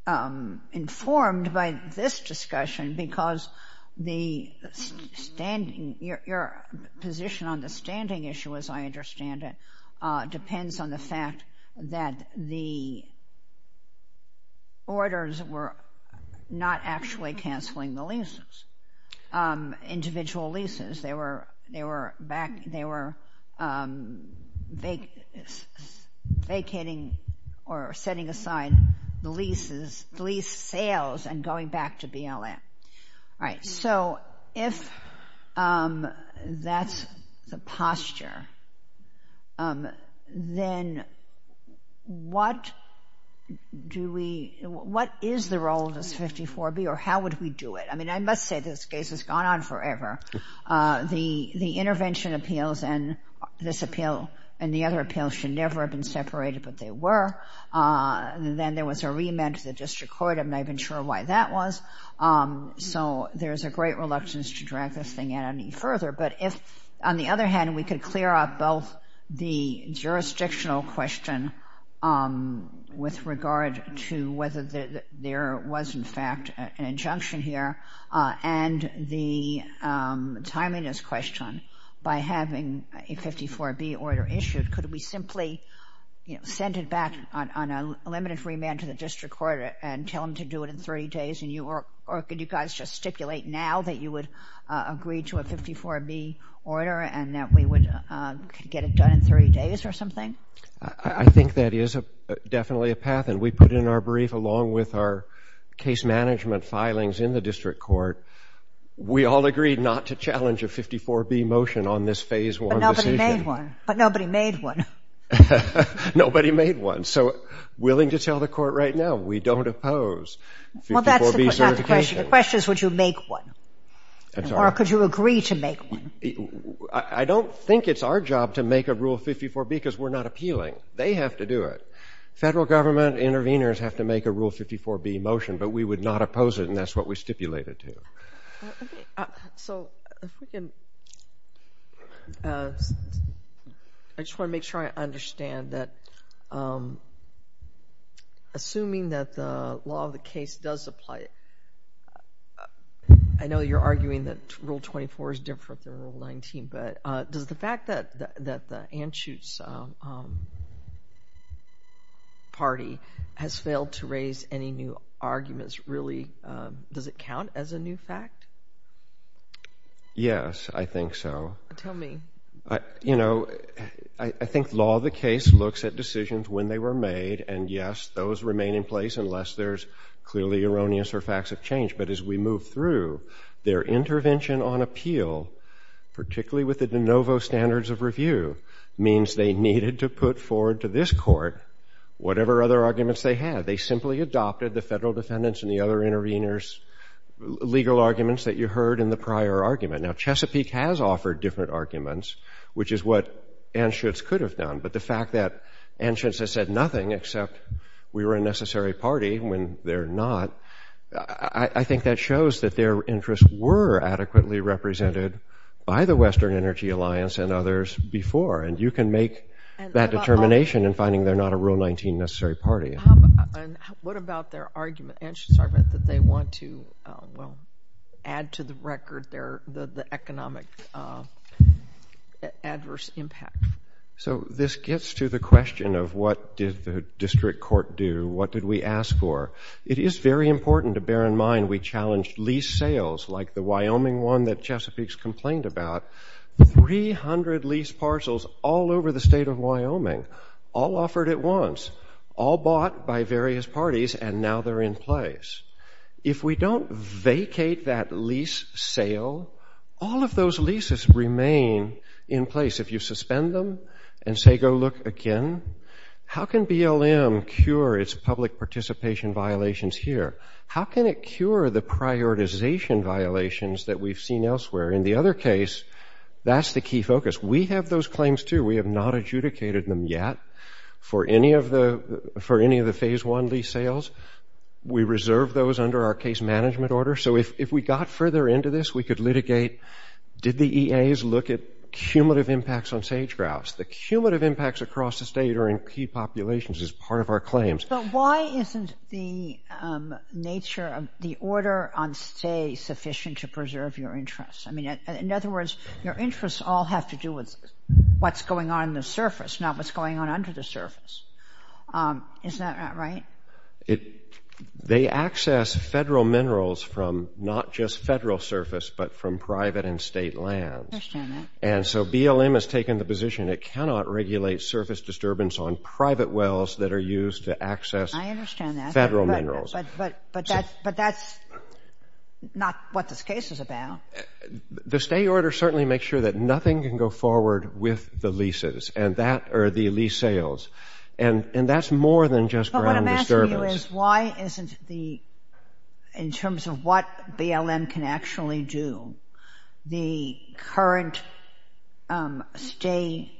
informed by this discussion because the standing, your position on the standing issue as I understand it depends on the fact that the orders were not actually canceling the leases, individual leases. They were vacating or setting aside the leases, the lease fails and going back to BLM. All right. So if that's the posture, then what do we, what is the role of this 54B or how would we do it? I mean, I must say this case has gone on forever. The intervention appeals and this appeal and the other appeals should never have been separated but they were. Then there was a remand to the district court. I'm not even sure why that was. So there's a great reluctance to drag this thing any further but if on the other hand we could clear up both the jurisdictional question with regard to whether there was in fact an injunction here and the timeliness question by having a 54B order issued, could we simply send it back on a limited remand to the district court and tell them to do it in three days or could you guys just stipulate now that you would agree to a 54B order and that we would get it done in three days or something? I think that is definitely a path and we put in our brief along with our case management filings in the district court. We all agreed not to challenge a 54B motion on this phase one decision. But nobody made one. Nobody made one. So willing to tell the court right now, we don't oppose 54B certification. The question is would you make one or could you agree to make one? I don't think it's our job to make a Rule 54B because we're not appealing. They have to do it. Federal government intervenors have to make a Rule 54B motion but we would not oppose it and that's what we stipulated to. So I just want to make sure I understand that assuming that the law of the case does apply, I know you're arguing that Rule 24 is different than Rule 19 but does the fact that the Anschutz party has failed to raise any new arguments really, does it count as a new fact? Yes, I think so. Tell me. You know, I think law of the case looks at decisions when they were made and yes, those remain in place unless there's clearly erroneous or facts of change but as we move through, their intervention on appeal, particularly with the de novo standards of review, means they needed to put forward to this court whatever other arguments they had. They simply adopted the federal defendants and the other intervenors' legal arguments that you heard in the prior argument. Now, Chesapeake has offered different arguments which is what Anschutz could have done but the fact that Anschutz has said nothing except we were a necessary party when they're not, I think that shows that their interests were adequately represented by the Western Energy Alliance and others before and you can make that determination in finding they're not a Rule 19 necessary party. And what about their argument, Anschutz's argument that they want to, well, add to the record the economic adverse impact? So this gets to the question of what did the district court do, what did we ask for? It is very important to bear in mind we challenged lease sales like the Wyoming one that Chesapeake's complained about. 300 lease parcels all over the state of Wyoming, all offered at once, all bought by various parties and now they're in place. If we don't vacate that lease sale, all of those leases remain in place. If you suspend them and say go look again, how can BLM cure its public participation violations here? How can it cure the prioritization violations that we've seen elsewhere? In the other case, that's the key focus. We have those claims too. We have not adjudicated them yet for any of the Phase 1 lease sales. We reserve those under our case management order. So if we got further into this, we could litigate, did the EAs look at cumulative impacts on sage grouse? The cumulative impacts across the state are in key populations as part of our claims. So why isn't the nature of the order on stay sufficient to preserve your interests? In other words, your interests all have to do with what's going on in the surface, not what's going on under the surface. Isn't that right? They access federal minerals from not just federal surface but from private and state lands. I understand that. And so BLM has taken the position it cannot regulate surface disturbance on private wells that are used to access federal minerals. But that's not what this case is about. The stay order certainly makes sure that nothing can go forward with the leases or the lease sales. And that's more than just ground disturbance. What I'm asking you is why isn't the, in terms of what BLM can actually do, the current stay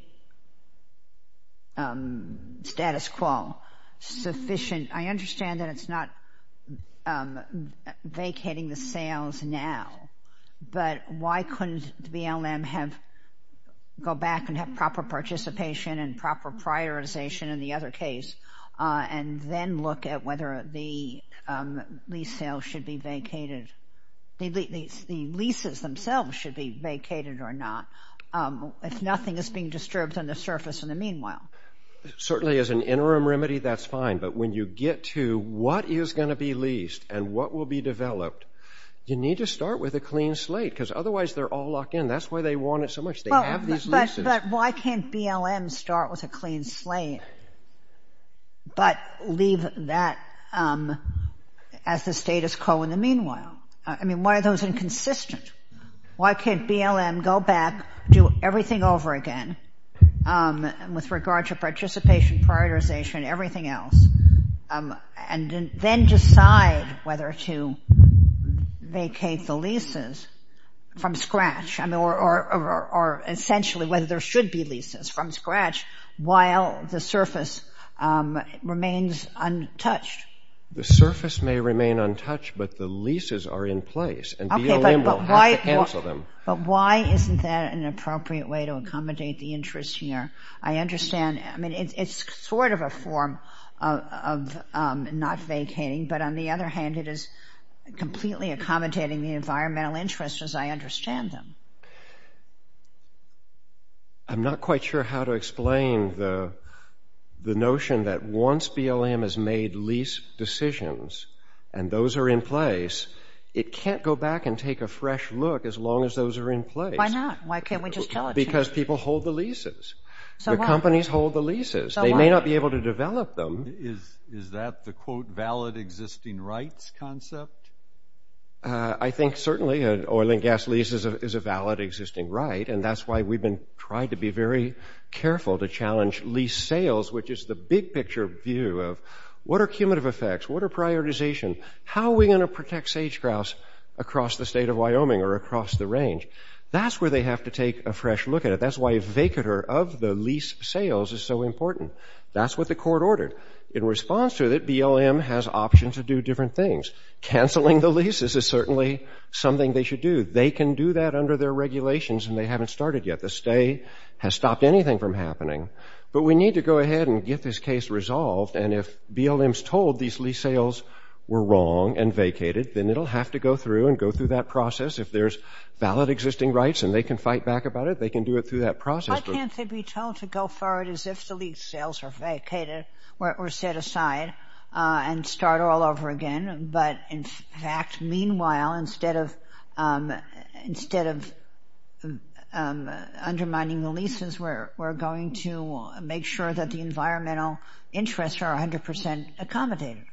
status quo sufficient? I understand that it's not vacating the sales now. But why couldn't BLM go back and have proper participation and proper prioritization in the other case and then look at whether the lease sales should be vacated? The leases themselves should be vacated or not if nothing is being disturbed on the surface in the meanwhile. Certainly as an interim remedy, that's fine. But when you get to what is going to be leased and what will be developed, you need to start with a clean slate because otherwise they're all locked in. That's why they want it so much. They have these leases. But why can't BLM start with a clean slate but leave that as a status quo in the meanwhile? I mean, why are those inconsistent? Why can't BLM go back, do everything over again with regard to participation, prioritization, and everything else, and then decide whether to vacate the leases from scratch or essentially whether there should be leases from scratch while the surface remains untouched? The surface may remain untouched, but the leases are in place. And BLM will have to cancel them. But why isn't that an appropriate way to accommodate the interest here? I understand. I mean, it's sort of a form of not vacating. But on the other hand, it is completely accommodating the environmental interest, as I understand them. I'm not quite sure how to explain the notion that once BLM has made lease decisions and those are in place, it can't go back and take a fresh look as long as those are in place. Why not? Why can't we just tell it? Because people hold the leases. The companies hold the leases. They may not be able to develop them. Is that the, quote, valid existing rights concept? I think certainly an oil and gas lease is a valid existing right. And that's why we've been trying to be very careful to challenge lease sales, which is the big picture view of what are cumulative effects? What are prioritization? How are we going to protect sage-grouse across the state of Wyoming or across the range? That's where they have to take a fresh look at it. That's why a vacater of the lease sales is so important. That's what the court ordered. In response to that, BLM has options to do different things. Canceling the leases is certainly something they should do. They can do that under their regulations and they haven't started yet. The stay has stopped anything from happening. But we need to go ahead and get this case resolved. And if BLM's told these lease sales were wrong and vacated, then it'll have to go through and go through that process. If there's valid existing rights and they can fight back about it, they can do it through that process. Why can't they be told to go for it as if the lease sales are vacated or set aside and start all over again? But in fact, meanwhile, instead of undermining the leases, we're going to make sure that the environmental interests are 100% accommodated.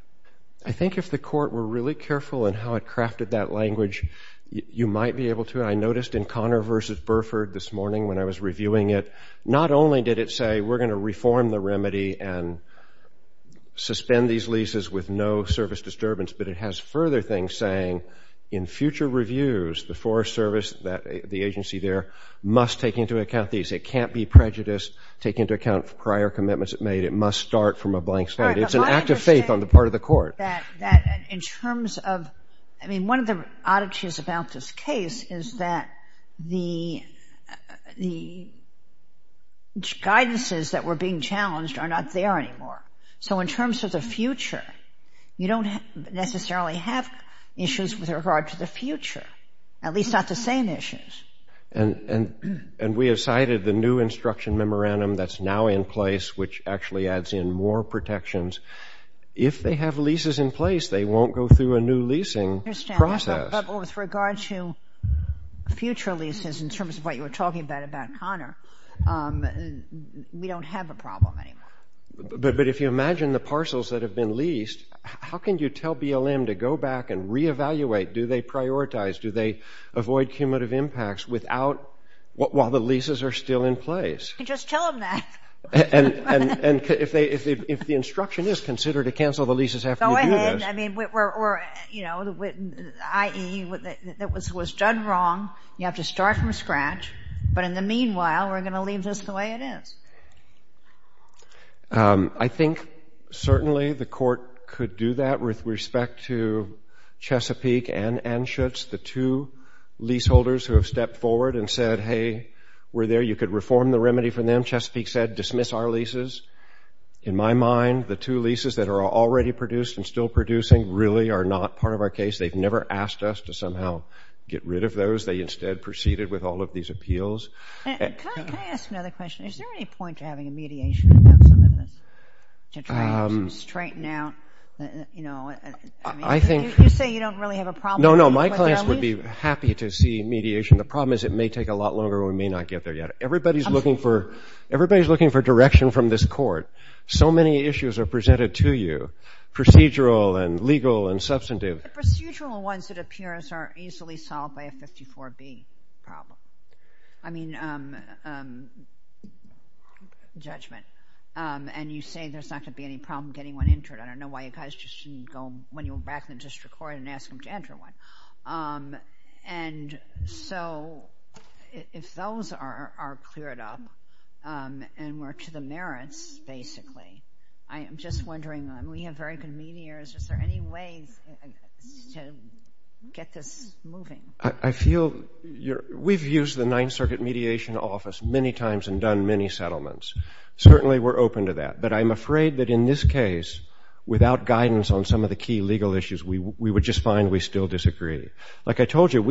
I think if the court were really careful in how it crafted that language, you might be able to. I noticed in Connor v. Burford this morning when I was reviewing it, not only did it say, we're going to reform the remedy and suspend these leases with no service disturbance, but it has further things saying, in future reviews, the Forest Service, the agency there, must take into account these. It can't be prejudiced, take into account prior commitments it made. It must start from a blank slate. It's an act of faith on the part of the court. In terms of, I mean, one of the oddities about this case is that the guidances that were being challenged are not there anymore. So in terms of the future, you don't necessarily have issues with regard to the future, at least not the same issues. And we have cited the new instruction memorandum that's now in place, which actually adds in more protections. If they have leases in place, they won't go through a new leasing process. I understand, but with regard to future leases, in terms of what you were talking about, about Connor, we don't have a problem anymore. But if you imagine the parcels that have been leased, how can you tell BLM to go back and re-evaluate? Do they prioritize? Do they avoid cumulative impacts while the leases are still in place? You just tell them that. And if the instruction is considered to cancel the leases after you do this. Go ahead. I mean, i.e., it was done wrong. You have to start from scratch. But in the meanwhile, we're going to leave this the way it is. I think certainly the court could do that. With respect to Chesapeake and Anschutz, the two leaseholders who have stepped forward and said, hey, we're there. You could reform the remedy for them. Chesapeake said, dismiss our leases. In my mind, the two leases that are already produced and still producing really are not part of our case. They've never asked us to somehow get rid of those. They instead proceeded with all of these appeals. Can I ask another question? Is there any point to having a mediation to try to straighten out? I think. You say you don't really have a problem. No, no. My clients would be happy to see mediation. The problem is it may take a lot longer. We may not get there yet. Everybody's looking for direction from this court. So many issues are presented to you, procedural and legal and substantive. Procedural ones, it appears, are easily solved by a 54B problem. I mean, judgment. And you say there's not going to be any problem getting one entered. I don't know why you guys just shouldn't go, when you're back in the district court, and ask them to enter one. And so if those are cleared up and we're to the merits, basically, I'm just wondering. We have very good mediators. Is there any way to get this moving? I feel we've used the Ninth Circuit Mediation Office many times and done many settlements. Certainly, we're open to that. But I'm afraid that in this case, without guidance on some of the key legal issues, we would just find we still disagree. Like I told you,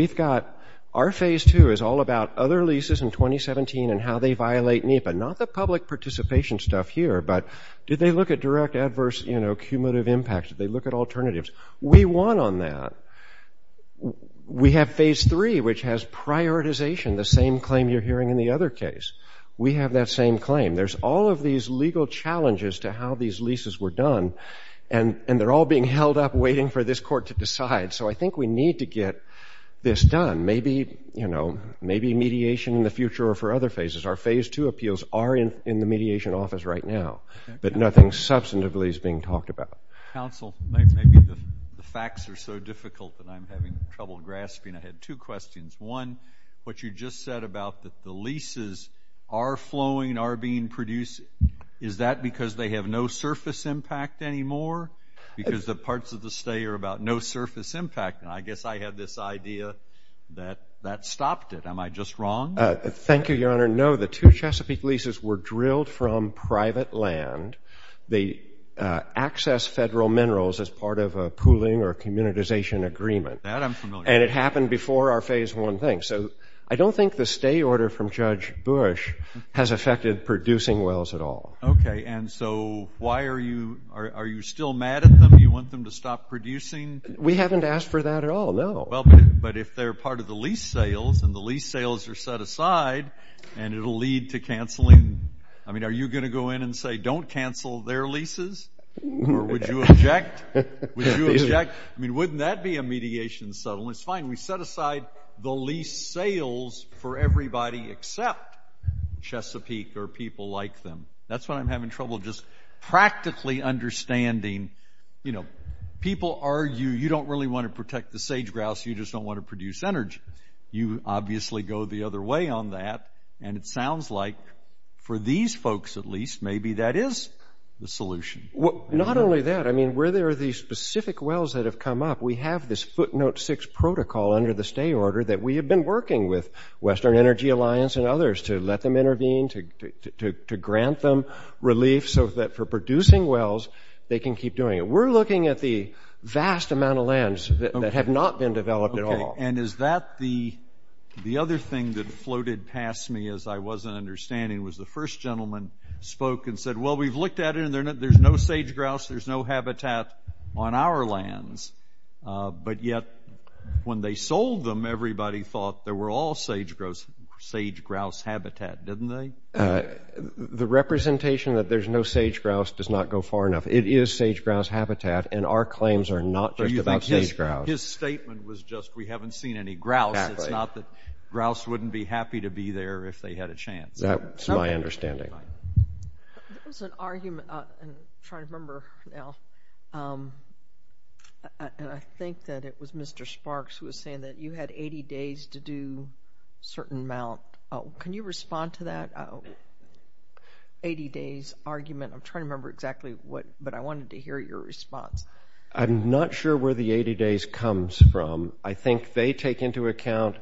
our phase two is all about other leases in 2017 and how they violate NEPA. Not the public participation stuff here, but did they look at direct adverse cumulative impacts? Did they look at alternatives? We won on that. We have phase three, which has prioritization, the same claim you're hearing in the other case. We have that same claim. There's all of these legal challenges to how these leases were done. And they're all being held up waiting for this court to decide. So I think we need to get this done. Maybe mediation in the future or for other phases. Our phase two appeals are in the Mediation Office right now, but nothing substantively is being talked about. Counsel, the facts are so difficult that I'm having trouble grasping. I had two questions. One, what you just said about the leases are flowing and are being produced, is that because they have no surface impact anymore? Because the parts of the stay are about no surface impact. And I guess I had this idea that that stopped it. Am I just wrong? Thank you, Your Honor. No, the two Chesapeake leases were drilled from private land. They accessed federal minerals as part of a pooling or communitization agreement. That I'm familiar with. And it happened before our phase one thing. So I don't think the stay order from Judge Bush has affected producing wells at all. OK, and so why are you still mad at them? Do you want them to stop producing? We haven't asked for that at all, no. Well, but if they're part of the lease sales and the lease sales are set aside, and it'll lead to canceling. I mean, are you going to go in and say don't cancel their leases? Or would you object? Would you object? I mean, wouldn't that be a mediation settlement? It's fine. We set aside the lease sales for everybody except Chesapeake or people like them. That's why I'm having trouble just practically understanding people argue you don't really want to protect the sage grouse. You just don't want to produce energy. You obviously go the other way on that. And it sounds like, for these folks at least, maybe that is the solution. Well, not only that. I mean, where there are these specific wells that have come up, we have this footnote six protocol under the stay order that we have been working with Western Energy Alliance and others to let them intervene, to grant them relief so that for producing wells, they can keep doing it. We're looking at the vast amount of lands that have not been developed at all. And is that the other thing that floated past me as I wasn't understanding was the first gentleman spoke and said, well, we've looked at it, and there's no sage grouse, there's no habitat on our lands. But yet, when they sold them, everybody thought there were all sage grouse habitat, didn't they? The representation that there's no sage grouse does not go far enough. It is sage grouse habitat, and our claims are not just about sage grouse. His statement was just, we haven't seen any grouse. It's not that grouse wouldn't be happy to be there if they had a chance. That's my understanding. There's an argument. I'm trying to remember now. And I think that it was Mr. Sparks who was saying that you had 80 days to do a certain amount. Can you respond to that 80 days argument? I'm trying to remember exactly what, but I wanted to hear your response. I'm not sure where the 80 days comes from. I think they take into account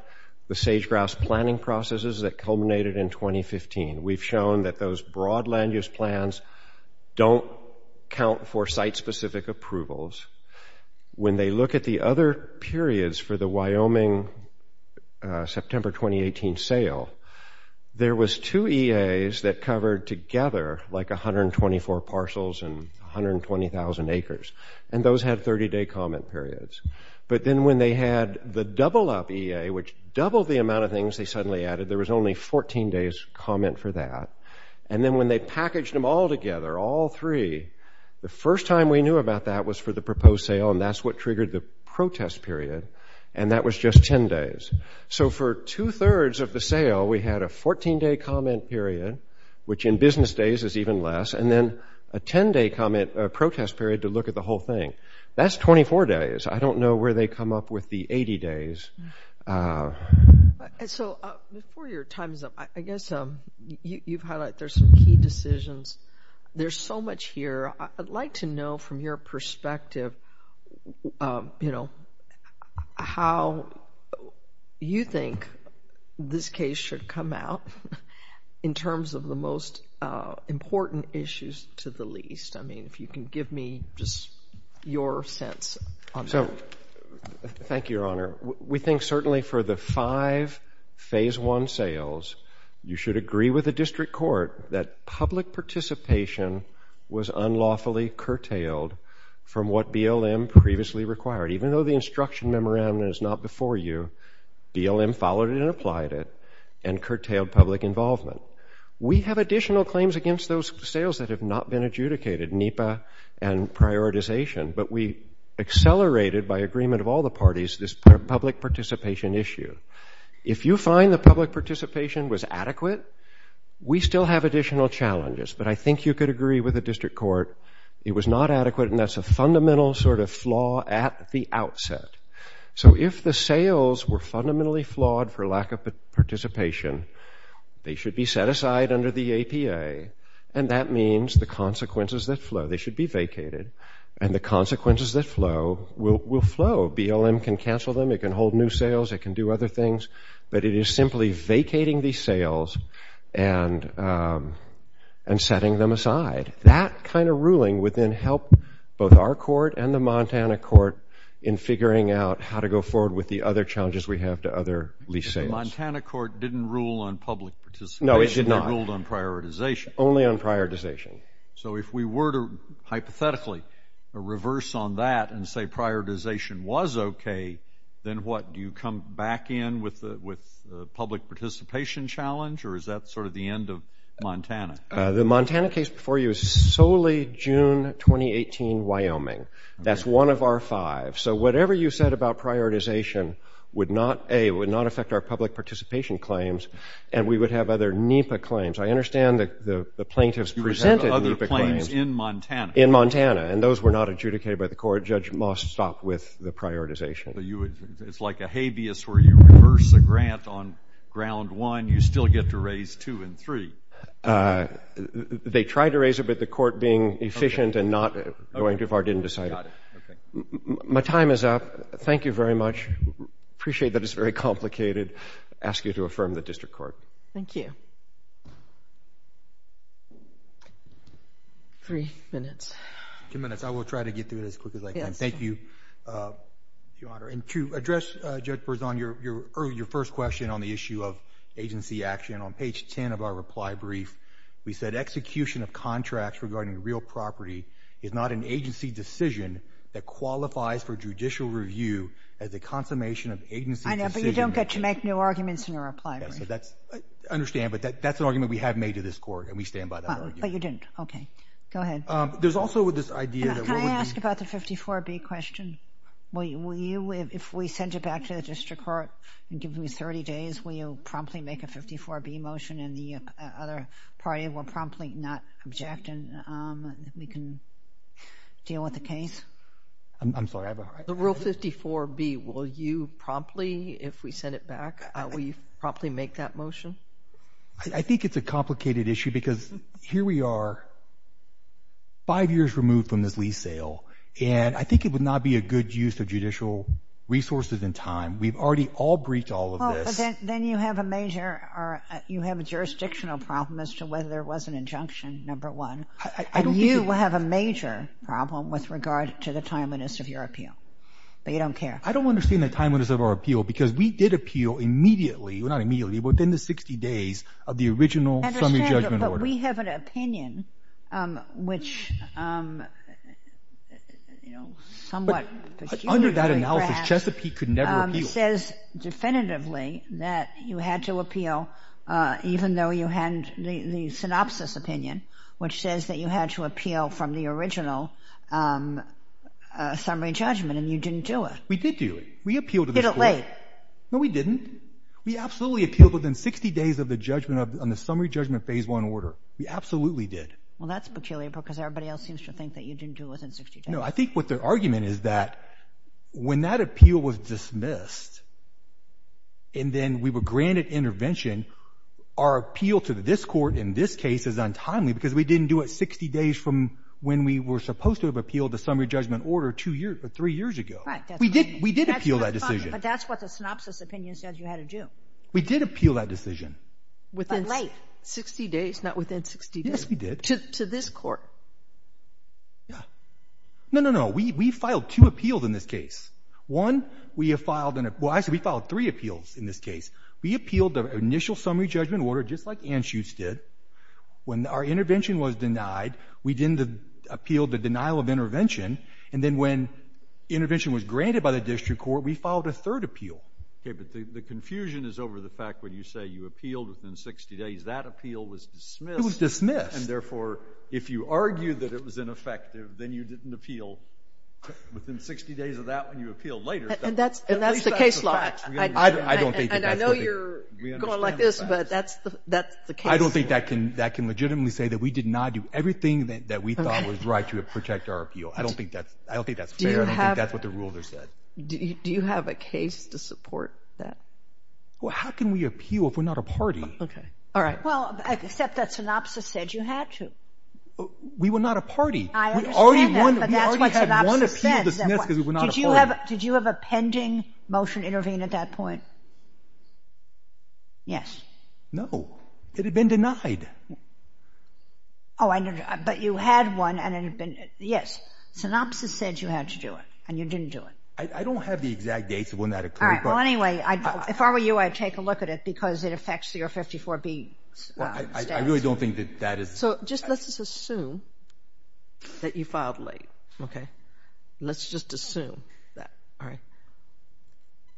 the sage grouse planning processes that culminated in 2015. We've shown that those broad land use plans don't count for site-specific approvals. When they look at the other periods for the Wyoming September 2018 sale, there was two EAs that covered together like 124 parcels and 120,000 acres. And those had 30-day comment periods. But then when they had the double-up EA, which doubled the amount of things they suddenly added, there was only 14 days comment for that. And then when they packaged them all together, all three, the first time we knew about that was for the proposed sale, and that's what triggered the protest period. And that was just 10 days. So for 2 thirds of the sale, we had a 14-day comment period, which in business days is even less, and then a 10-day comment protest period to look at the whole thing. That's 24 days. I don't know where they come up with the 80 days. So before your time is up, I guess you've highlighted there's some key decisions. There's so much here. I'd like to know from your perspective, you know, how you think this case should come out in terms of the most important issues to the least. I mean, if you can give me just your sense on that. So thank you, Your Honor. We think certainly for the five Phase I sales, you should agree with the district court that public participation was unlawfully curtailed from what BLM previously required. Even though the instruction memorandum is not before you, BLM followed it and applied it and curtailed public involvement. We have additional claims against those sales that have not been adjudicated, NEPA and prioritization, but we accelerated by agreement of all the parties this public participation issue. If you find that public participation was adequate, we still have additional challenges, but I think you could agree with the district court it was not adequate, and that's a fundamental sort of flaw at the outset. So if the sales were fundamentally flawed for lack of participation, they should be set aside under the APA, and that means the consequences that flow, they should be vacated, and the consequences that flow will flow. BLM can cancel them. It can hold new sales. It can do other things, but it is simply vacating these sales and setting them aside. That kind of ruling would then help both our court and the Montana court in figuring out how to go forward with the other challenges we have to other lease sales. The Montana court didn't rule on public participation. No, it did not. It ruled on prioritization. Only on prioritization. So if we were to hypothetically reverse on that and say prioritization was okay, then what, do you come back in with the public participation challenge, or is that sort of the end of Montana? The Montana case before you is solely June 2018 Wyoming. That's one of our five. So whatever you said about prioritization would not, A, would not affect our public participation claims, and we would have other NEPA claims. I understand that the plaintiffs presented NEPA claims. You would have other claims in Montana. In Montana, and those were not adjudicated by the court. Judge Moss stopped with the prioritization. It's like a habeas where you reverse the grant on ground one, you still get to raise two and three. They tried to raise it, but the court being efficient and not going too far didn't decide it. My time is up. Thank you very much. I appreciate that it's very complicated. I ask you to affirm the district court. Thank you. Three minutes. Two minutes. I will try to get through this as quickly as I can. Thank you, Your Honor. And to address, Judge Berzon, your first question on the issue of agency action, on page 10 of our reply brief, we said execution of contracts regarding real property is not an agency decision that qualifies for judicial review as a consummation of agency decision. I know, but you don't get to make new arguments in your reply brief. I understand, but that's an argument we have made to this court, and we stand by that argument. But you didn't. Okay. Go ahead. Can I ask about the 54B question? Will you, if we send it back to the district court and give them 30 days, will you promptly make a 54B motion and the other party will promptly not object and we can deal with the case? I'm sorry. The rule 54B, will you promptly, if we send it back, will you promptly make that motion? I think it's a complicated issue because here we are, five years removed from this lease sale, and I think it would not be a good use of judicial resources and time. We've already all breached all of this. Then you have a major, you have a jurisdictional problem as to whether there was an injunction, number one. And you have a major problem with regard to the timeliness of your appeal. But you don't care. I don't understand the timeliness of our appeal because we did appeal immediately, well, not immediately, within the 60 days of the original summary judgment order. But we have an opinion which, you know, somewhat... Under that analysis, Chesapeake could never appeal. It says definitively that you had to appeal even though you had the synopsis opinion, which says that you had to appeal from the original summary judgment and you didn't do it. We did do it. We appealed to the court. Did it late? No, we didn't. We absolutely appealed within 60 days of the judgment on the summary judgment phase one order. We absolutely did. Well, that's peculiar because everybody else seems to think that you didn't do it within 60 days. No, I think what their argument is that when that appeal was dismissed and then we were granted intervention, our appeal to this court in this case is untimely because we didn't do it 60 days from when we were supposed to have appealed the summary judgment order three years ago. We did appeal that decision. But that's what the synopsis opinion says you had to do. We did appeal that decision. But late. Within 60 days, not within 60 days. Yes, we did. To this court. No, no, no. We filed two appeals in this case. One, we filed three appeals in this case. We appealed the initial summary judgment order just like Anschutz did. When our intervention was denied, we didn't appeal the denial of intervention, and then when intervention was granted by the district court, we filed a third appeal. Okay, but the confusion is over the fact when you say you appealed within 60 days, that appeal was dismissed. And therefore, if you argue that it was ineffective, then you didn't appeal within 60 days of that when you appealed later. And that's the case law. And I know you're going like this, but that's the case law. I don't think that can legitimately say that we did not do everything that we thought was right to protect our appeal. I don't think that's fair. I don't think that's what the rules are set. Do you have a case to support that? Well, how can we appeal if we're not a party? Okay. All right. Well, except that synopsis said you had to. We were not a party. We already had one appeal dismissed because we were not a party. Did you have a pending motion intervened at that point? Yes. No. It had been denied. Oh, I know. But you had one, and it had been. Yes. Synopsis said you had to do it, and you didn't do it. I don't have the exact dates of when that occurred. Well, anyway, if I were you, I'd take a look at it, because it affects your 54B. Well, I really don't think that that is. So just let's just assume that you filed late, okay? Let's just assume that. All right.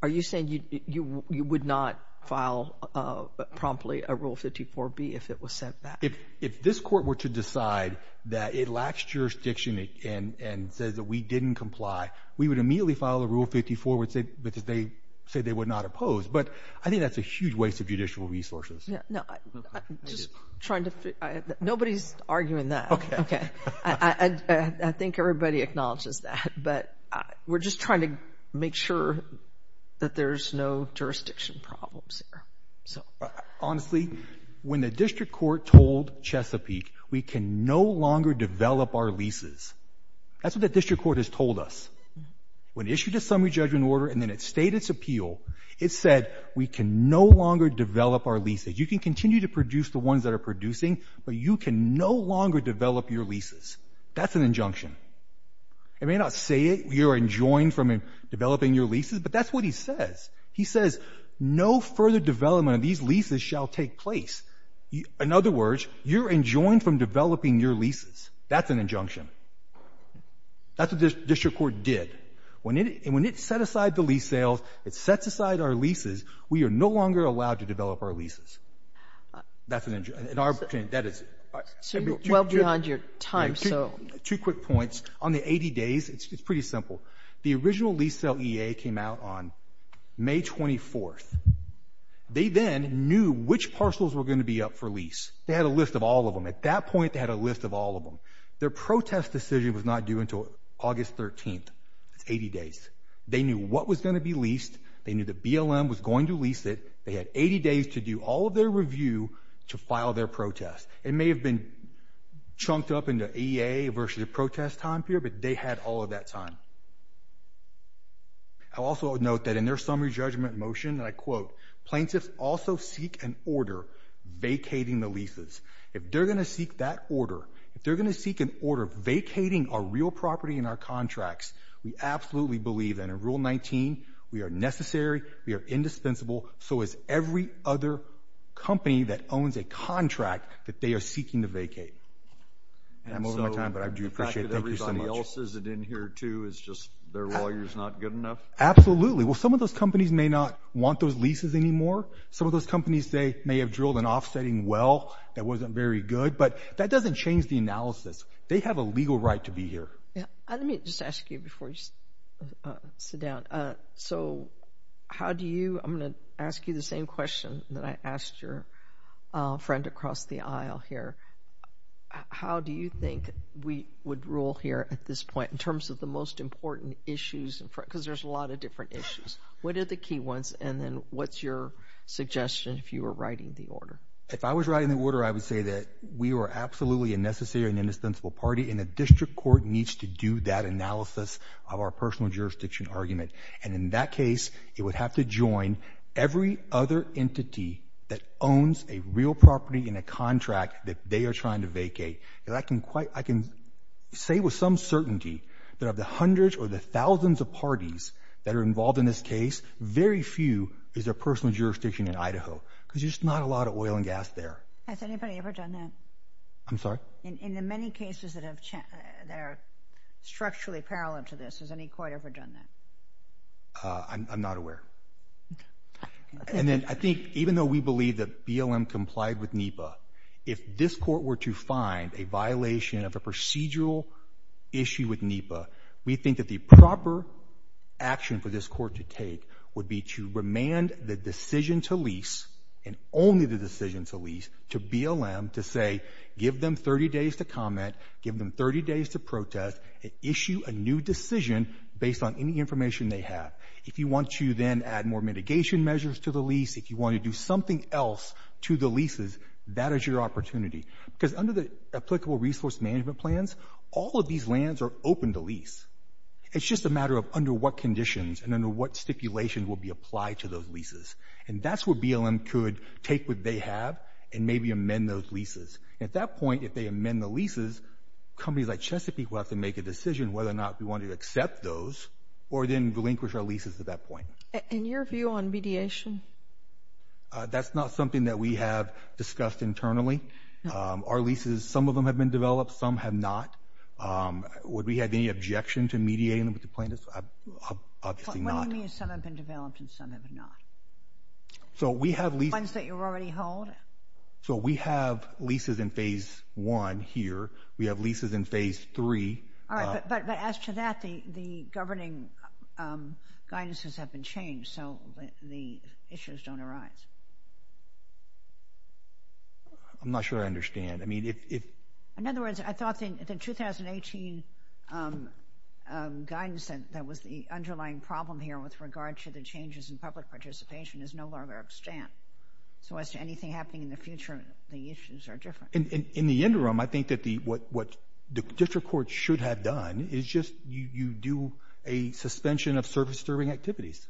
Are you saying you would not file promptly a Rule 54B if it was sent back? If this court were to decide that it lacks jurisdiction and says that we didn't comply, we would immediately file a Rule 54 with it because they said they would not oppose. But I think that's a huge waste of judicial resources. Nobody's arguing that. I think everybody acknowledges that, but we're just trying to make sure that there's no jurisdiction problems here. Honestly, when the district court told Chesapeake we can no longer develop our leases, that's what the district court has told us. When it issued a summary judgment order and then it stayed its appeal, it said we can no longer develop our leases. You can continue to produce the ones that are producing, but you can no longer develop your leases. That's an injunction. It may not say you're enjoined from developing your leases, but that's what he says. He says no further development of these leases shall take place. In other words, you're enjoined from developing your leases. That's an injunction. That's what the district court did. And when it set aside the lease sales, it set aside our leases, we are no longer allowed to develop our leases. So you're well beyond your time. Two quick points. On the 80 days, it's pretty simple. The original lease sale EA came out on May 24th. They then knew which parcels were going to be up for lease. They had a list of all of them. At that point, they had a list of all of them. Their protest decision was not due until August 13th, 80 days. They knew what was going to be leased. They knew the BLM was going to lease it. They had 80 days to do all of their review to file their protest. It may have been chunked up into EA versus the protest time period, but they had all of that time. I'll also note that in their summary judgment motion, I quote, plaintiffs also seek an order vacating the leases. If they're going to seek that order, if they're going to seek an order vacating a real property in our contracts, we absolutely believe that in Rule 19, we are necessary, we are indispensable, so is every other company that owns a contract that they are seeking to vacate. I'm over my time, but I do appreciate it. Thank you so much. Everybody else is in here too, it's just their lawyers not good enough? Absolutely. Well, some of those companies may not want those leases anymore. Some of those companies, they may have drilled an offsetting well that wasn't very good, but that doesn't change the analysis. They have a legal right to be here. Let me just ask you before you sit down. So how do you – I'm going to ask you the same question that I asked your friend across the aisle here. How do you think we would rule here at this point in terms of the most important issues? Because there's a lot of different issues. What are the key ones, and then what's your suggestion if you were writing the order? If I was writing the order, I would say that we are absolutely a necessary and indispensable party, and the district court needs to do that analysis of our personal jurisdiction argument. And in that case, it would have to join every other entity that owns a real property in a contract that they are trying to vacate. And I can say with some certainty that of the hundreds or the thousands of parties that are involved in this case, very few is their personal jurisdiction in Idaho because there's not a lot of oil and gas there. Has anybody ever done that? I'm sorry? In the many cases that are structurally parallel to this, has any court ever done that? I'm not aware. And then I think even though we believe that BLM complied with NEPA, if this court were to find a violation of the procedural issue with NEPA, we think that the proper action for this court to take would be to remand the decision to lease, and only the decision to lease, to BLM to say, give them 30 days to comment, give them 30 days to protest, and issue a new decision based on any information they have. If you want to then add more mitigation measures to the lease, if you want to do something else to the leases, that is your opportunity. Because under the applicable resource management plans, all of these lands are open to lease. It's just a matter of under what conditions and under what stipulation will be applied to those leases. And that's where BLM could take what they have and maybe amend those leases. At that point, if they amend the leases, companies like Chesapeake will have to make a decision whether or not we want to accept those or then relinquish our leases at that point. And your view on mediation? That's not something that we have discussed internally. Our leases, some of them have been developed, some have not. Would we have any objection to mediating with the plaintiffs? Obviously not. What do you mean some have been developed and some have not? So we have leases... Ones that you already hold? So we have leases in Phase 1 here. We have leases in Phase 3. All right, but as to that, the governing guidances have been changed so the issues don't arise. I'm not sure I understand. In other words, I thought the 2018 guidance that was the underlying problem here with regard to the changes in public participation is no longer at stand. So as to anything happening in the future, the issues are different. In the interim, I think that what the district court should have done is just you do a suspension of service-disturbing activities.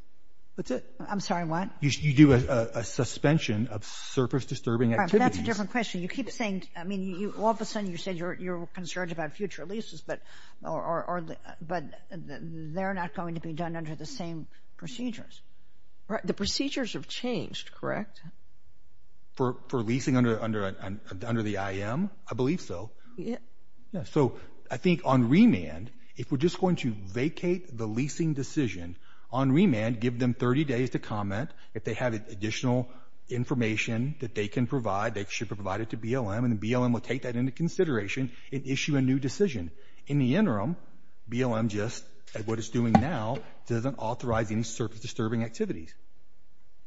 That's it. I'm sorry, what? You do a suspension of service-disturbing activities. That's a different question. You keep saying... I mean, all of a sudden, you said you're concerned about future leases, but they're not going to be done under the same procedures. The procedures have changed, correct? For leasing under the IM? I believe so. Yeah. So I think on remand, if we're just going to vacate the leasing decision, on remand, give them 30 days to comment if they have additional information that they can provide, they should provide it to BLM, and BLM will take that into consideration and issue a new decision. In the interim, BLM just, at what it's doing now, doesn't authorize any service-disturbing activities.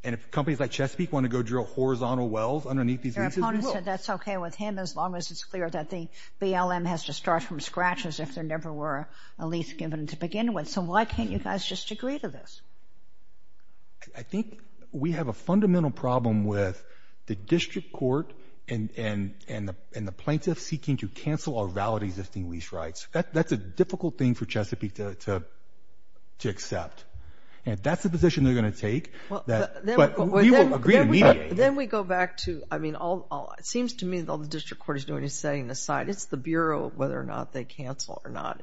And if companies like Chesapeake want to go drill horizontal wells underneath these leases... Your opponent said that's okay with him as long as it's clear that BLM has to start from scratch as if there never were a lease given to begin with. So why can't you guys just agree to this? I think we have a fundamental problem with the district court and the plaintiffs seeking to cancel or validate existing lease rights. That's a difficult thing for Chesapeake to accept. And if that's the position they're going to take, we will agree immediately. Then we go back to, I mean, it seems to me that all the district court is doing is setting aside, it's the Bureau, whether or not they cancel or not.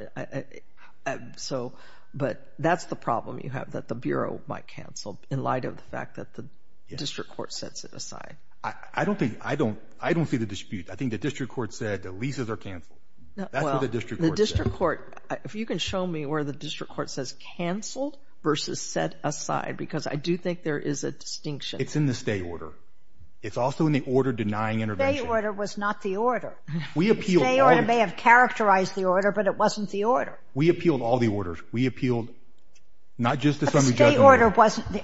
But that's the problem you have, that the Bureau might cancel in light of the fact that the district court sets it aside. I don't see the dispute. I think the district court said the leases are canceled. That's what the district court said. Well, the district court, if you can show me where the district court says canceled versus set aside, because I do think there is a distinction. It's in the state order. It's also in the order denying intervention. The state order was not the order. The state order may have characterized the order, but it wasn't the order. We appealed all the orders. We appealed not just the Sunday Judge order.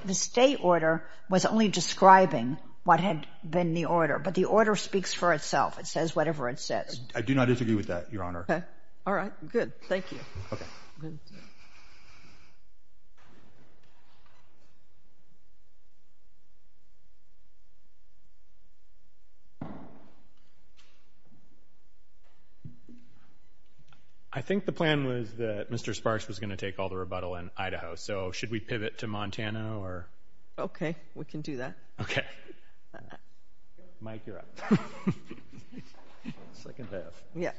The state order was only describing what had been the order, but the order speaks for itself. It says whatever it says. I do not disagree with that, Your Honor. All right, good. Thank you. I think the plan was that Mr. Sparks was going to take all the rebuttal in Idaho. So should we pivot to Montana? OK, we can do that. Mike, you're up. Second half. Yeah.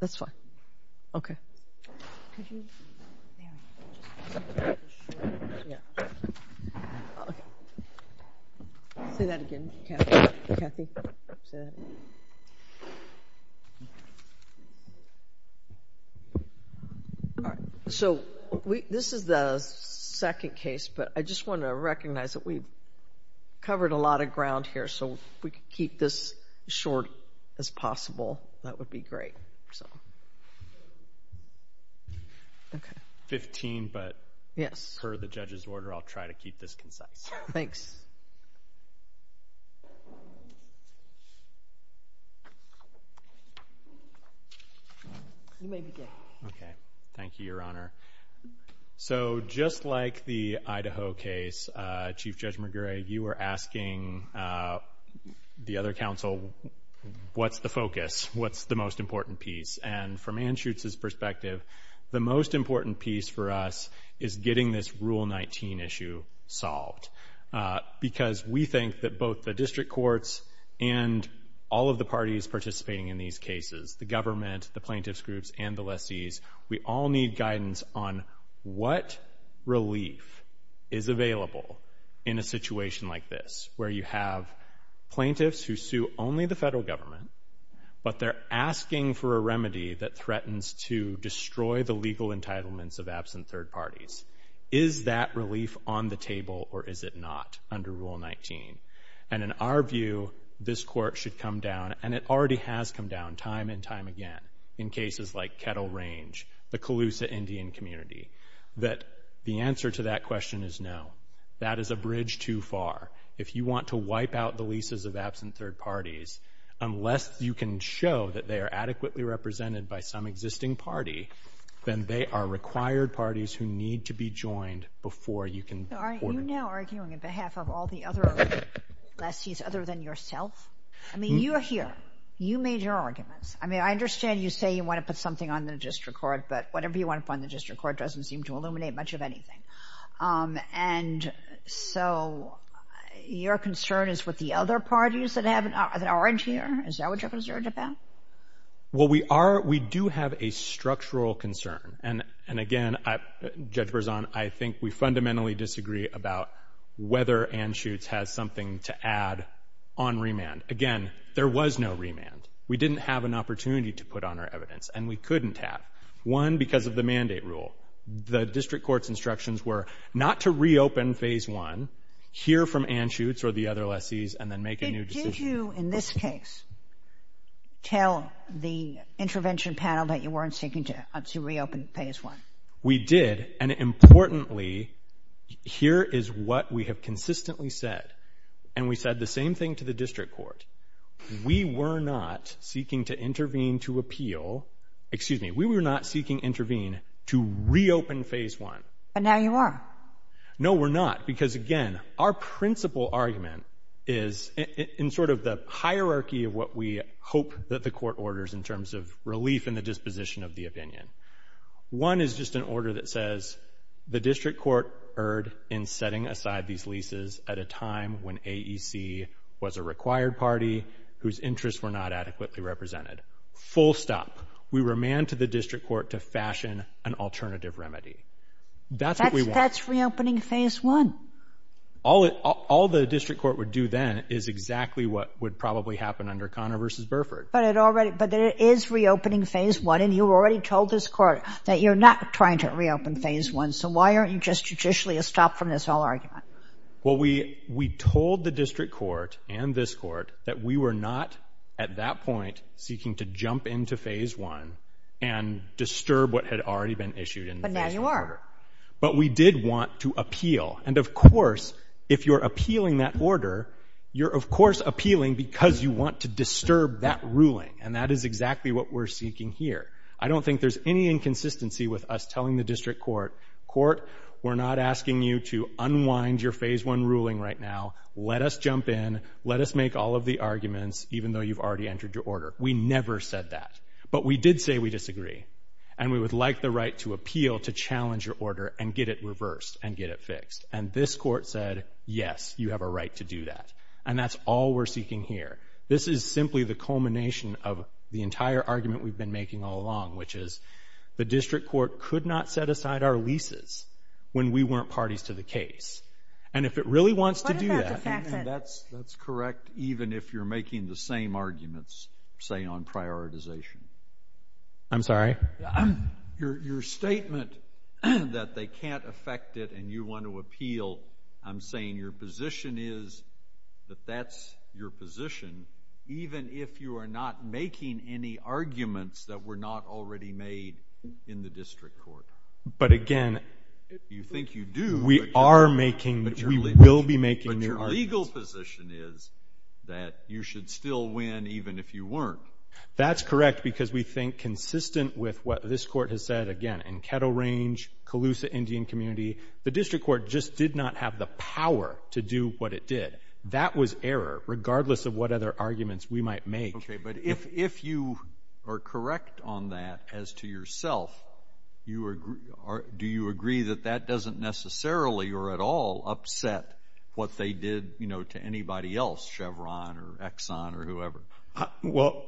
That's fine. So this is the second case, but I just want to recognize that we've covered a lot of ground here. So if we could keep this short as possible, that would be great. OK. 15, but per the judge's order, I'll try to keep this concise. Thanks. You may begin. OK, thank you, Your Honor. So just like the Idaho case, Chief Judge McGray, you were asking the other counsel, what's the focus? What's the most important piece? And from Anschutz's perspective, the most important piece for us is getting this Rule 19 issue solved, because we think that both the district courts and all of the parties participating in these cases, the government, the plaintiffs groups, and the lessees, we all need guidance on what relief is available in a situation like this, where you have plaintiffs who sue only the federal government, but they're asking for a remedy that threatens to destroy the legal entitlements of absent third parties. Is that relief on the table, or is it not under Rule 19? And in our view, this court should come down, and it already has come down time and time again, in cases like Kettle Range, the Colusa Indian community, that the answer to that question is no. That is a bridge too far. If you want to wipe out the leases of absent third parties, unless you can show that they are adequately represented by some existing party, then they are required parties who need to be joined before you can support them. So are you now arguing on behalf of all the other lessees other than yourself? I mean, you are here. You made your argument. I mean, I understand you say you want to put something on the district court. But whatever you want to put on the district court doesn't seem to illuminate much of anything. And so your concern is with the other parties that have an orange here? Is that what you're concerned about? Well, we do have a structural concern. And again, Judge Berzon, I think we fundamentally disagree about whether Anschutz has something to add on remand. Again, there was no remand. We didn't have an opportunity to put on our evidence. And we couldn't have. One, because of the mandate rule. The district court's instructions were not to reopen phase one, hear from Anschutz or the other lessees, and then make a new decision. Did you, in this case, tell the intervention panel that you weren't seeking to reopen phase one? We did. And importantly, here is what we have consistently said. And we said the same thing to the district court. We were not seeking to intervene to appeal. Excuse me. We were not seeking intervene to reopen phase one. But now you are. No, we're not. Because again, our principal argument is in sort of the hierarchy of what we hope that the court orders in terms of relief and the disposition of the opinion. One is just an order that says, the district court erred in setting aside these leases at a time when AEC was a required party whose interests were not adequately represented. Full stop. We were manned to the district court to fashion an alternative remedy. That's what we want. That's reopening phase one. All the district court would do then is exactly what would probably happen under Connor versus Burford. But it is reopening phase one. And you already told this court that you're not trying to reopen phase one. So why aren't you just judicially a stop from this whole argument? Well, we told the district court and this court that we were not at that point seeking to jump into phase one and disturb what had already been issued in that order. But we did want to appeal. And of course, if you're appealing that order, you're of course appealing because you want to disturb that ruling. And that is exactly what we're seeking here. I don't think there's any inconsistency with us telling the district court, court, we're not asking you to unwind your phase one ruling right now. Let us jump in. Let us make all of the arguments, even though you've already entered your order. We never said that. But we did say we disagree. And we would like the right to appeal to challenge your order and get it reversed and get it fixed. And this court said, yes, you have a right to do that. And that's all we're seeking here. This is simply the culmination of the entire argument we've been making all along, which is the district court could not set aside our leases when we weren't parties to the case. And if it really wants to do that, then that's correct, even if you're making the same arguments, say, on prioritization. I'm sorry? Your statement that they can't affect it and you want to appeal, I'm saying your position is that that's your position, even if you are not making any arguments that were not already made in the district court. But again, we are making, we will be making your argument. But your legal position is that you should still win, even if you weren't. That's correct, because we think, consistent with what this court has said, again, in Kettle Range, Colusa Indian Community, the district court just did not have the power to do what it did. That was error, regardless of what other arguments we might make. OK, but if you are correct on that as to yourself, do you agree that that doesn't necessarily, or at all, upset what they did to anybody else, Chevron or Exxon or whoever? Well,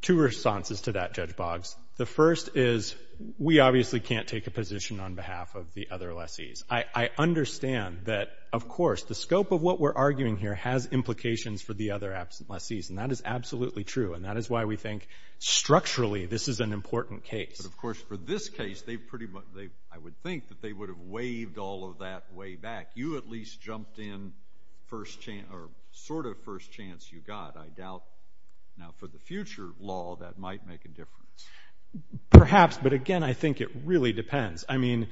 two responses to that, Judge Boggs. The first is, we obviously can't take a position on behalf of the other lessees. I understand that, of course, the scope of what we're arguing here has implications for the other lessees. And that is absolutely true. And that is why we think, structurally, this is an important case. And of course, for this case, I would think that they would have waived all of that way back. You at least jumped in first chance, or sort of first chance you got, I doubt. Now, for the future law, that might make a difference. Perhaps. But again, I think it really depends. I mean,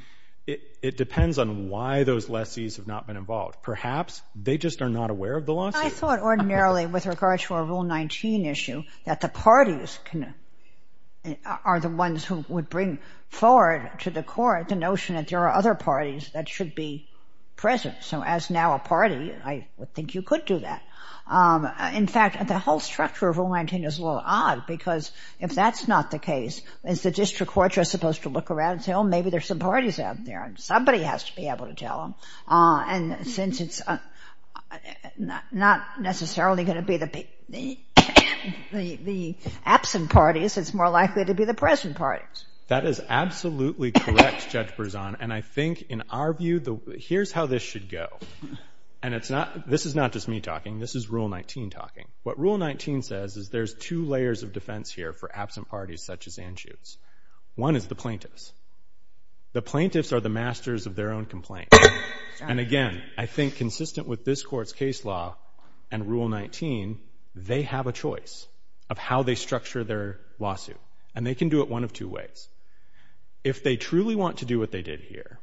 it depends on why those lessees have not been involved. Perhaps they just are not aware of the lawsuit. I thought, ordinarily, with regard to a Rule 19 issue, that the parties are the ones who would bring forward to the court the notion that there are other parties that should be present. So as now a party, I think you could do that. In fact, the whole structure of Rule 19 is a little odd, because if that's not the case, is the district court just supposed to look around and say, oh, maybe there's some parties out there. And somebody has to be able to tell them. And since it's not necessarily going to be the absent parties, it's more likely to be the present parties. That is absolutely correct, Judge Berzon. And I think, in our view, here's how this should go. And this is not just me talking. This is Rule 19 talking. What Rule 19 says is there's two layers of defense here for absent parties, such as Anschutz. One is the plaintiffs. The plaintiffs are the masters of their own complaint. And again, I think consistent with this court's case law and Rule 19, they have a choice of how they structure their lawsuit. And they can do it one of two ways. If they truly want to do what they did here,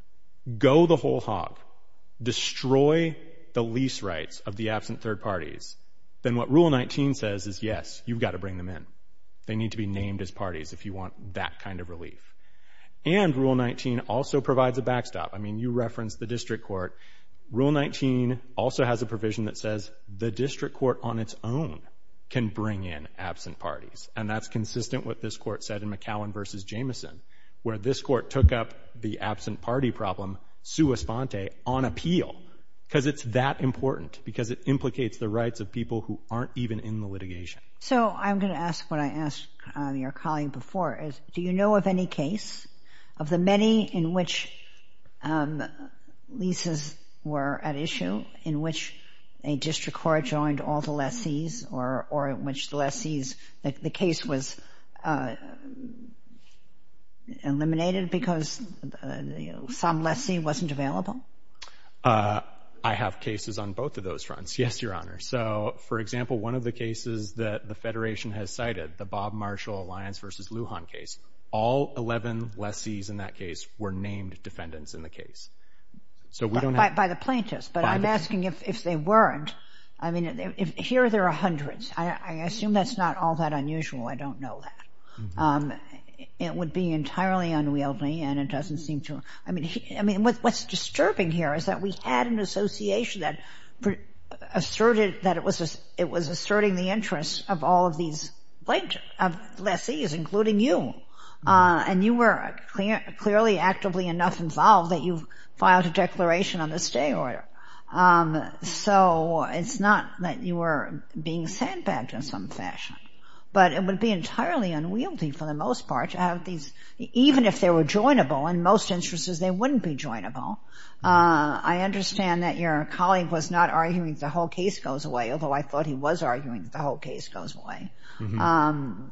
go the whole hog, destroy the lease rights of the absent third parties, then what Rule 19 says is, yes, you've got to bring them in. They need to be named as parties if you want that kind of relief. And Rule 19 also provides a backstop. I mean, you referenced the district court. Rule 19 also has a provision that says the district court on its own can bring in absent parties. And that's consistent with what this court said in McCowan v. Jameson, where this court took up the absent party problem, sua sponte, on appeal, because it's that important, because it implicates the rights of people who aren't even in the litigation. So I'm going to ask what I asked your colleague before, is do you know of any case of the many in which leases were at issue, in which a district court joined all the lessees, or in which the lessees, the case was eliminated because some lessee wasn't available? I have cases on both of those fronts, yes, Your Honor. So, for example, one of the cases that the Federation has cited, the Bob Marshall Alliance v. Lujan case, all 11 lessees in that case were named defendants in the case. By the plaintiffs, but I'm asking if they weren't. I mean, here there are hundreds. I assume that's not all that unusual. I don't know that. It would be entirely unwieldy, and it doesn't seem to. I mean, what's disturbing here is that we had an association that asserted that it was asserting the interests of all of these lessees, including you. And you were clearly actively enough involved that you filed a declaration on the stay order. So it's not that you were being sandbagged in some fashion. But it would be entirely unwieldy for the most part, even if they were joinable. In most instances, they wouldn't be joinable. I understand that your colleague was not arguing the whole case goes away, although I thought he was arguing the whole case goes away.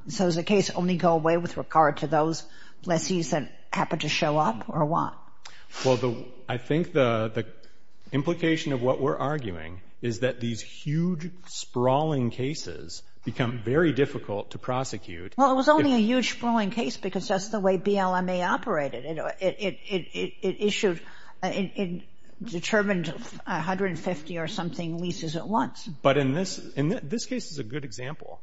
So does the case only go away with regard to those lessees that happened to show up, or what? Well, I think the implication of what we're arguing is that these huge, sprawling cases become very difficult to prosecute. Well, it was only a huge, sprawling case because that's the way BLMA operated. It issued and determined 150 or something leases at once. But in this case is a good example.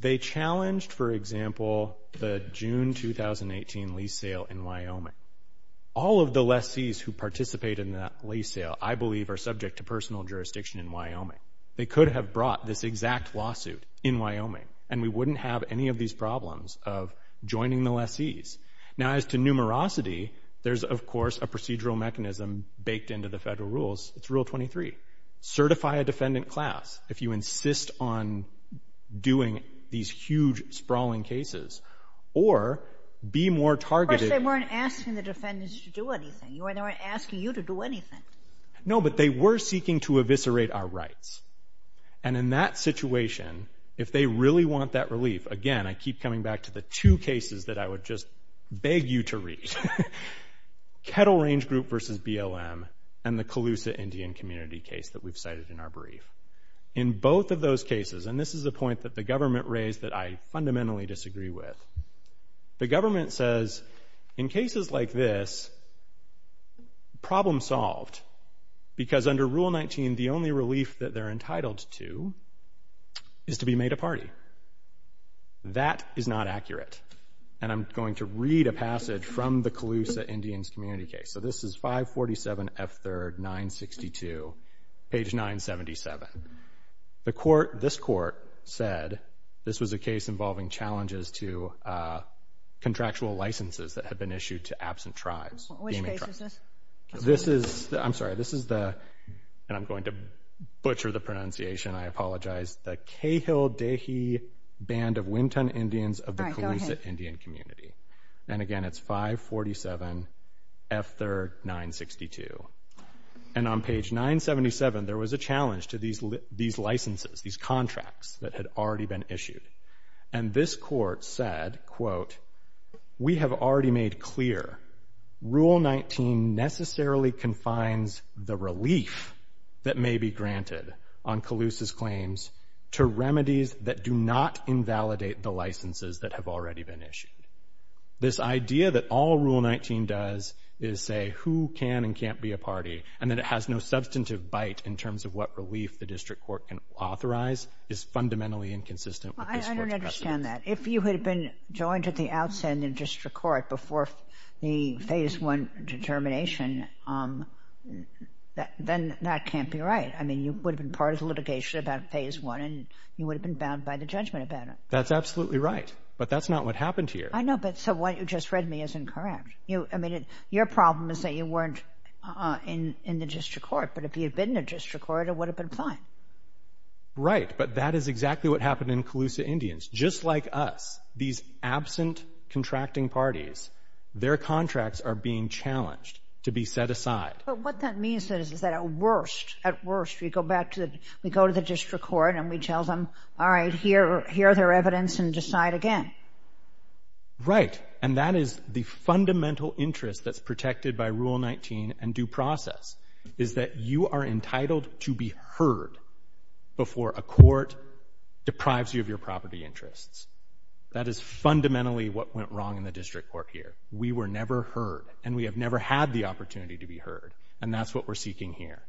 They challenged, for example, the June 2018 lease sale in Wyoming. All of the lessees who participated in that lease sale, I believe, are subject to personal jurisdiction in Wyoming. They could have brought this exact lawsuit in Wyoming, and we wouldn't have any of these problems of joining the lessees. Now, as to numerosity, there's, of course, a procedural mechanism baked into the federal rules. It's Rule 23. Certify a defendant class if you insist on doing these huge, sprawling cases, or be more targeted. Of course, they weren't asking the defendants to do anything. They weren't asking you to do anything. No, but they were seeking to eviscerate our rights. And in that situation, if they really want that relief, again, I keep coming back to the two cases that I would just beg you to read, Kettle Range Group versus BLM and the Colusa Indian Community case that we've cited in our brief. In both of those cases, and this is the point that the government raised that I fundamentally disagree with, the government says, in cases like this, problem solved. Because under Rule 19, the only relief that they're entitled to is to be made a party. That is not accurate. And I'm going to read a passage from the Colusa Indians Community case. So this is 547F3rd, 962, page 977. The court, this court, said this was a case involving challenges to contractual licenses that had been issued to absent tribes. Which case is this? This is, I'm sorry, this is the, and I'm going to butcher the pronunciation, I apologize, the Cahill-Dahey Band of Winton Indians of the Colusa Indian Community. And again, it's 547F3rd, 962. And on page 977, there was a challenge to these licenses, these contracts that had already been issued. And this court said, quote, we have already made clear Rule 19 necessarily confines the relief that may be granted on Colusa's claims to remedies that do not invalidate the licenses that have already been issued. This idea that all Rule 19 does is say who can and can't be a party, and that it has no substantive bite in terms of what relief the district court can authorize is fundamentally inconsistent with this court judgment. I don't understand that. If you had been joined at the outset in the district court before the phase one determination, then that can't be right. I mean, you would have been part of the litigation about phase one and you would have been bound by the judgment about it. That's absolutely right, but that's not what happened here. I know, but so what you just read me is incorrect. I mean, your problem is that you weren't in the district court, but if you had been in the district court, it would have been fine. Right, but that is exactly what happened in Colusa Indians. Just like us, these absent contracting parties, their contracts are being challenged to be set aside. But what that means is that at worst, at worst, we go to the district court and we tell them, all right, here are their evidence and decide again. Right, and that is the fundamental interest that's protected by Rule 19 and due process is that you are entitled to be heard before a court deprives you of your property interests. That is fundamentally what went wrong in the district court here. We were never heard and we have never had the opportunity to be heard, and that's what we're seeking here.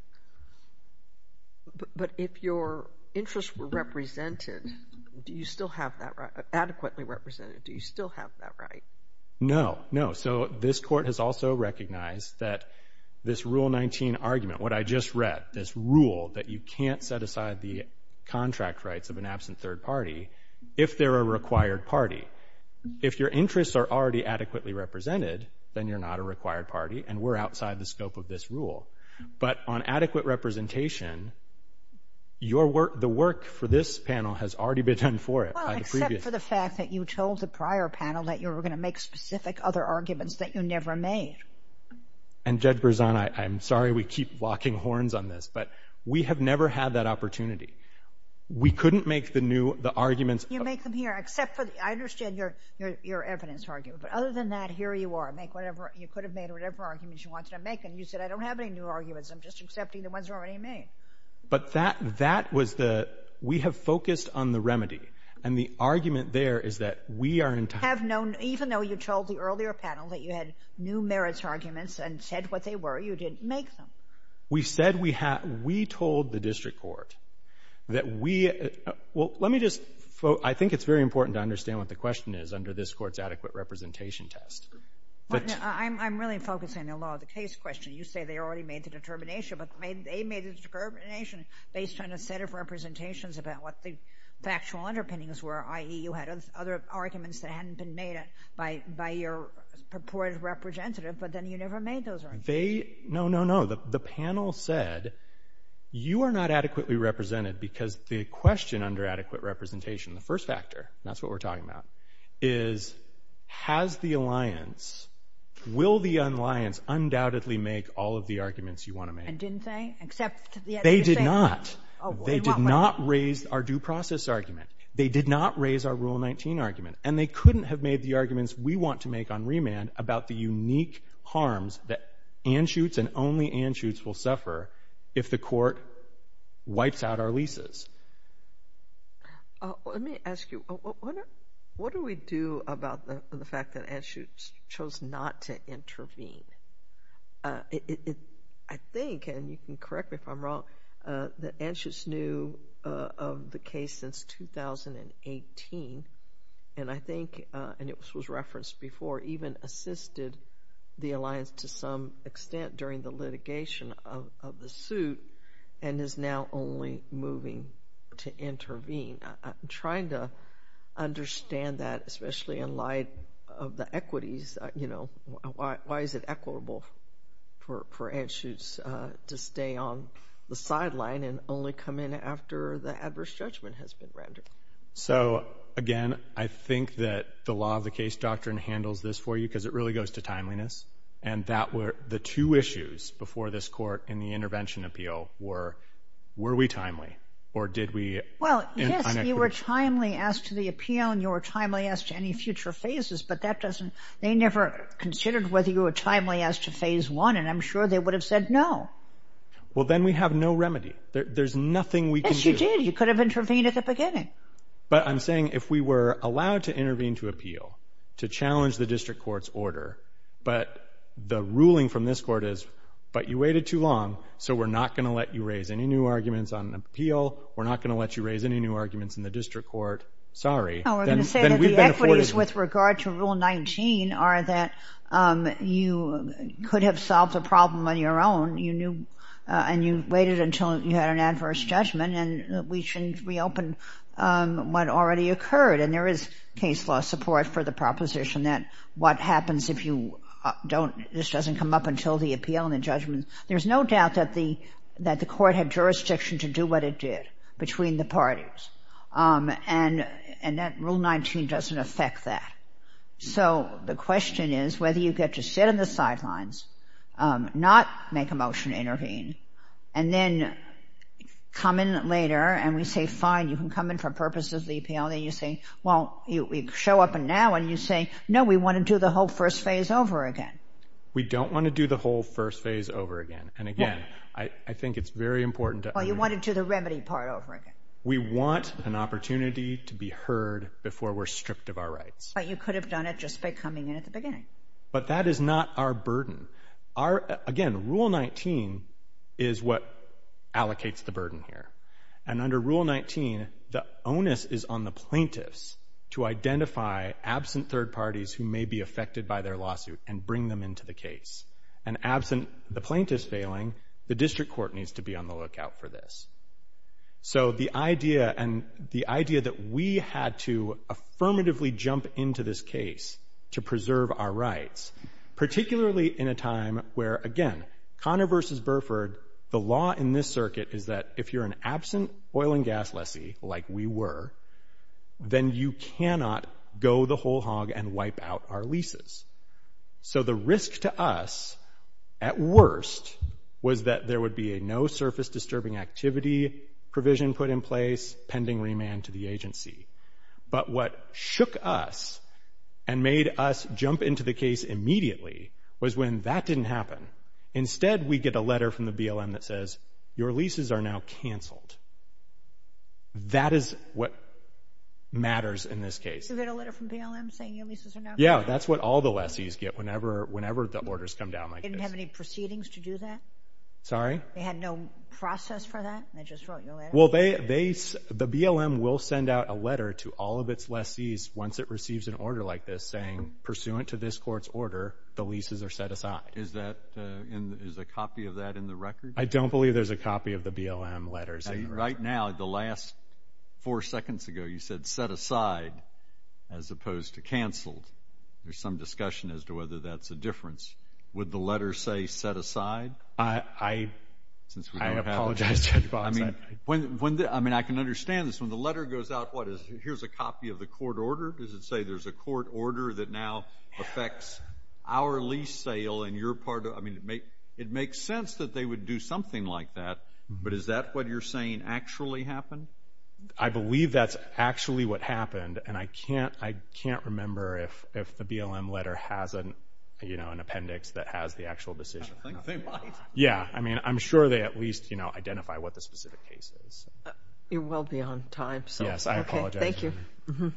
But if your interests were represented, do you still have that adequately represented? Do you still have that right? No, no, so this court has also recognized that this Rule 19 argument, what I just read, this rule that you can't set aside the contract rights of an absent third party if they're a required party. If your interests are already adequately represented, then you're not a required party and we're outside the scope of this rule. But on adequate representation, the work for this panel has already been done for it. Well, except for the fact that you told the prior panel that you were going to make specific other arguments that you never made. And Judge Berzon, I'm sorry we keep walking horns on this, but we have never had that opportunity. We couldn't make the new arguments. You make them here, except for, I understand your evidence argument, but other than that, here you are, make whatever, you could have made whatever arguments you wanted to make, and you said I don't have any new arguments, I'm just accepting the ones already made. But that was the, we have focused on the remedy, and the argument there is that we are in time. Even though you told the earlier panel that you had new merits arguments and said what they were, you didn't make them. We said we had, we told the district court that we, well, let me just, I think it's very important to understand what the question is under this court's adequate representation test. I'm really focusing on the law of the case question. You say they already made the determination, but they made a determination based on a set of representations about what the factual underpinnings were, i.e. you had other arguments that hadn't been made by your purported representative, but then you never made those arguments. They, no, no, no, the panel said you are not adequately represented because the question under adequate representation, the first factor, that's what we're talking about, is has the alliance, will the alliance undoubtedly make all of the arguments you want to make? And didn't they? They did not. They did not raise our due process argument. They did not raise our Rule 19 argument. And they couldn't have made the arguments we want to make on remand about the unique harms that Anschutz and only Anschutz will suffer if the court wipes out our leases. Let me ask you, what do we do about the fact that Anschutz chose not to intervene? I think, and you can correct me if I'm wrong, that Anschutz knew of the case since 2018, and I think, and this was referenced before, even assisted the alliance to some extent during the litigation of the suit and is now only moving to intervene. I'm trying to understand that, especially in light of the equities, you know, why is it equitable for Anschutz to stay on the sideline and only come in after the adverse judgment has been rendered? So, again, I think that the law of the case doctrine handles this for you because it really goes to timeliness, and the two issues before this court in the intervention appeal were, were we timely or did we... Well, yes, you were timely as to the appeal and you were timely as to any future phases, but they never considered whether you were timely as to phase one, and I'm sure they would have said no. Well, then we have no remedy. There's nothing we can do. Yes, you did. You could have intervened at the beginning. But I'm saying if we were allowed to intervene to appeal to challenge the district court's order, but the ruling from this court is, but you waited too long, so we're not going to let you raise any new arguments on the appeal, we're not going to let you raise any new arguments in the district court, sorry. No, we're going to say that the equities with regard to Rule 19 are that you could have solved the problem on your own, and you waited until you had an adverse judgment and we shouldn't reopen what already occurred, and there is case law support for the proposition that what happens if you don't, this doesn't come up until the appeal and the judgment. There's no doubt that the court had jurisdiction to do what it did between the parties, and that Rule 19 doesn't affect that. So the question is whether you get to sit on the sidelines, not make a motion to intervene, and then come in later and we say, fine, you can come in for purposes of the appeal, and then you say, well, you show up now and you say, no, we want to do the whole first phase over again. We don't want to do the whole first phase over again, and again, I think it's very important to understand. Well, you want to do the remedy part over again. We want an opportunity to be heard before we're stripped of our rights. But you could have done it just by coming in at the beginning. But that is not our burden. Again, Rule 19 is what allocates the burden here. And under Rule 19, the onus is on the plaintiffs to identify absent third parties who may be affected by their lawsuit and bring them into the case. And absent the plaintiffs failing, the district court needs to be on the lookout for this. So the idea that we had to affirmatively jump into this case to preserve our rights, particularly in a time where, again, Conner v. Burford, the law in this circuit is that if you're an absent oil and gas lessee, like we were, then you cannot go the whole hog and wipe out our leases. So the risk to us, at worst, was that there would be a no surface disturbing activity provision put in place, pending remand to the agency. But what shook us and made us jump into the case immediately was when that didn't happen. Instead, we get a letter from the BLM that says, your leases are now canceled. That is what matters in this case. Is there a letter from BLM saying your leases are now canceled? Yeah, that's what all the lessees get whenever the orders come down. They didn't have any proceedings to do that? Sorry? They had no process for that? They just wrote you a letter? Well, the BLM will send out a letter to all of its lessees once it receives an order like this saying, pursuant to this court's order, the leases are set aside. Is a copy of that in the records? I don't believe there's a copy of the BLM letters. Right now, the last four seconds ago, you said set aside as opposed to cancel. There's some discussion as to whether that's the difference. Would the letter say set aside? I apologize. I can understand this. When the letter goes out, what is it? Here's a copy of the court order. Does it say there's a court order that now affects our lease sale? It makes sense that they would do something like that, but is that what you're saying actually happened? I believe that's actually what happened, and I can't remember if the BLM letter has an appendix that has the actual decision. I don't think so. You're well beyond time. I apologize. Thank you.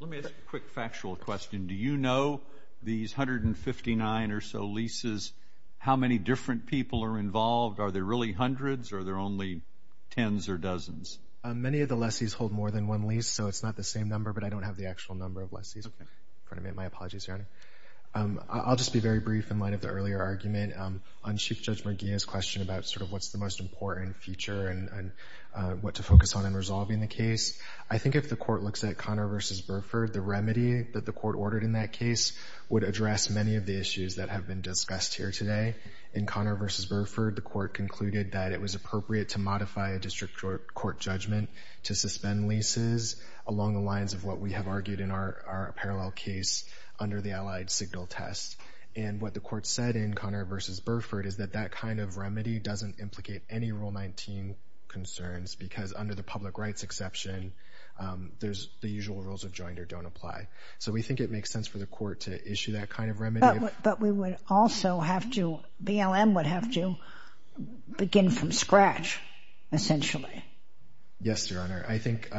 Let me ask a quick factual question. Do you know these 159 or so leases, how many different people are involved? Are there really hundreds or are there only tens or dozens? Many of the lessees hold more than one lease, so it's not the same number, but I don't have the actual number of lessees. I'm going to make my apologies here. I'll just be very brief in light of the earlier argument. On Chief Judge McGeeh's question about sort of what's the most important feature and what to focus on in resolving the case, I think if the court looks at Connor v. Burford, the remedy that the court ordered in that case would address many of the issues that have been discussed here today. In Connor v. Burford, the court concluded that it was appropriate to modify a district court judgment to suspend leases along the lines of what we have argued in our parallel case under the allied signal test. And what the court said in Connor v. Burford is that that kind of remedy doesn't implicate any Rule 19 concerns, because under the public rights exception, the usual rules of joinder don't apply. So we think it makes sense for the court to issue that kind of remedy. But we would also have to, BLM would have to begin from scratch, essentially. Yes, Your Honor. I think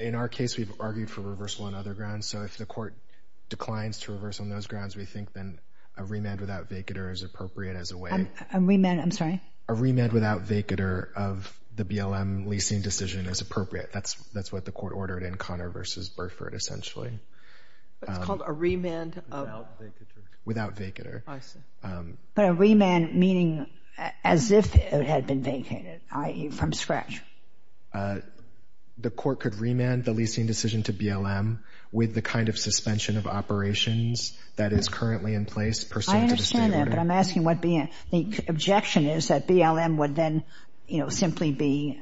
in our case, we've argued for reversal on other grounds. So if the court declines to reverse on those grounds, we think then a remand without vacater is appropriate as a way. A remand, I'm sorry? A remand without vacater of the BLM leasing decision is appropriate. That's what the court ordered in Connor v. Burford, essentially. It's called a remand of? Without vacater. But a remand meaning as if it had been vacated, i.e., from scratch. The court could remand the leasing decision to BLM with the kind of suspension of operations that is currently in place. I understand that, but I'm asking what the objection is, that BLM would then simply be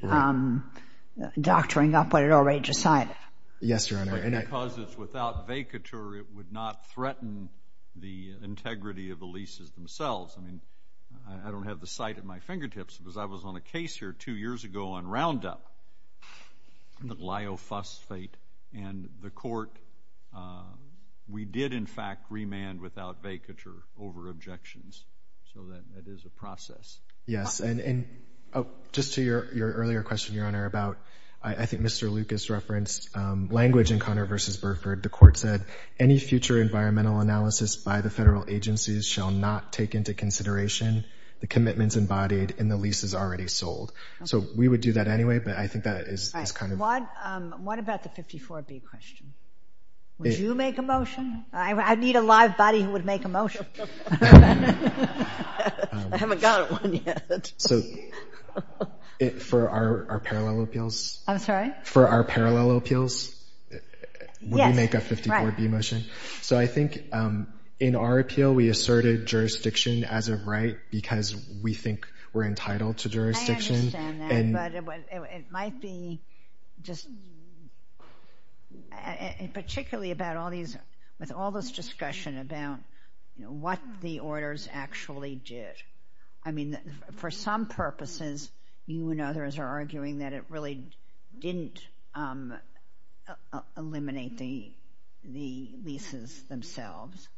doctoring up what it already decided. Yes, Your Honor. Because it's without vacater, it would not threaten the integrity of the leases themselves. I don't have the site at my fingertips, because I was on a case here two years ago on Roundup, the Lyo Fuss fate, and the court, we did, in fact, remand without vacater over objections. So that is a process. Yes, and just to your earlier question, Your Honor, about I think Mr. Lucas referenced language in Connor v. Burford. The court said, any future environmental analysis by the federal agencies shall not take into consideration the commitments embodied in the leases already sold. So we would do that anyway, but I think that is kind of. What about the 54B question? Would you make a motion? I need a live body who would make a motion. I haven't got one yet. For our parallel appeals? I'm sorry? For our parallel appeals? Yes. Would you make a 54B motion? So I think in our appeal, we asserted jurisdiction as a right, because we think we're entitled to jurisdiction. I understand that. But it might be just particularly about all these, with all this discussion about what the orders actually did. I mean, for some purposes, you and others are arguing that it really didn't eliminate the leases themselves,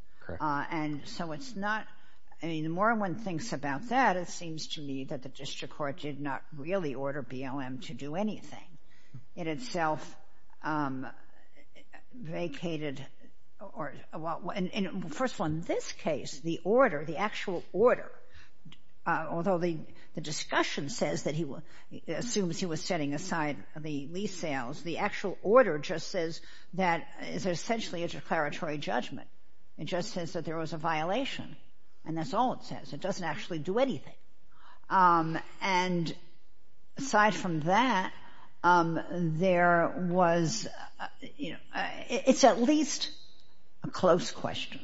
and so it's not. I mean, the more one thinks about that, it seems to me that the district court did not really order BLM to do anything. It itself vacated. First of all, in this case, the order, the actual order, although the discussion says that he assumes he was setting aside the lease sales, the actual order just says that it's essentially a declaratory judgment. It just says that there was a violation, and that's all it says. It doesn't actually do anything. And aside from that, there was, you know, it's at least a close question,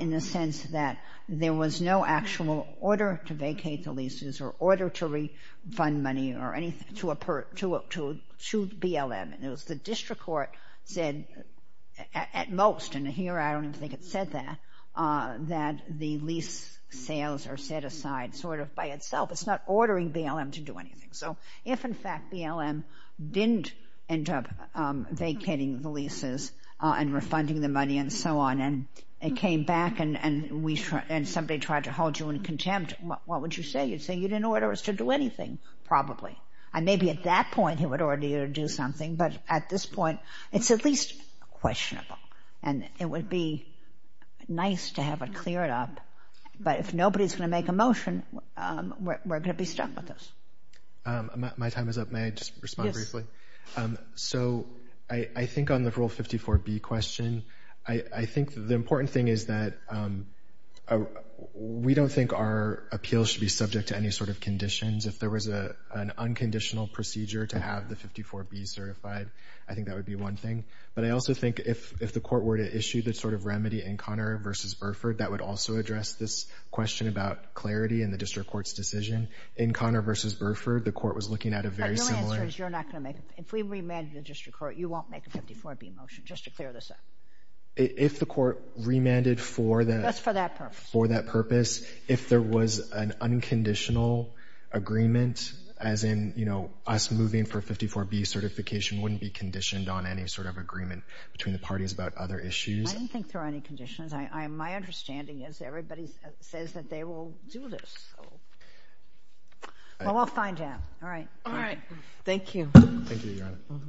in the sense that there was no actual order to vacate the leases or order to refund money or anything to BLM. It was the district court that at most, and here I don't think it said that, that the lease sales are set aside sort of by itself. It's not ordering BLM to do anything. So if, in fact, BLM didn't end up vacating the leases and refunding the money and so on, and it came back, and somebody tried to hold you in contempt, what would you say? You'd say you didn't order us to do anything, probably. And maybe at that point he would order you to do something, but at this point it's at least questionable. And it would be nice to have it cleared up, but if nobody's going to make a motion, we're going to be stuck with this. My time is up. May I just respond briefly? So I think on the Rule 54B question, I think the important thing is that we don't think our appeal should be subject to any sort of conditions. If there was an unconditional procedure to have the 54B certified, I think that would be one thing. But I also think if the court were to issue this sort of remedy in Conner v. Burford, that would also address this question about clarity in the district court's decision. In Conner v. Burford, the court was looking at a very similar— Your answer is you're not going to make it. If we remanded the district court, you won't make a 54B motion, just to clear this up. If the court remanded for that— Just for that purpose. If there was an unconditional agreement, as in us moving for a 54B certification wouldn't be conditioned on any sort of agreement between the parties about other issues. I don't think there are any conditions. My understanding is everybody says that they will do this. Well, we'll find out. All right. Thank you. Thank you, Your Honor.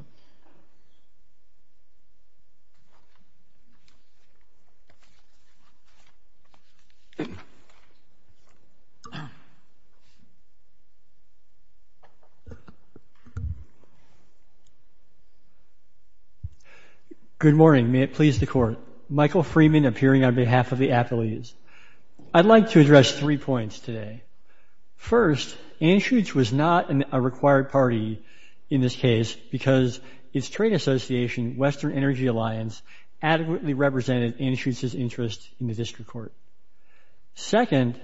Good morning. May it please the court. Michael Freeman, appearing on behalf of the athletes. I'd like to address three points today. First, Anschutz was not a required party in this case because its trade association, Western Energy Alliance, adequately represented Anschutz's interest in the district court. Second,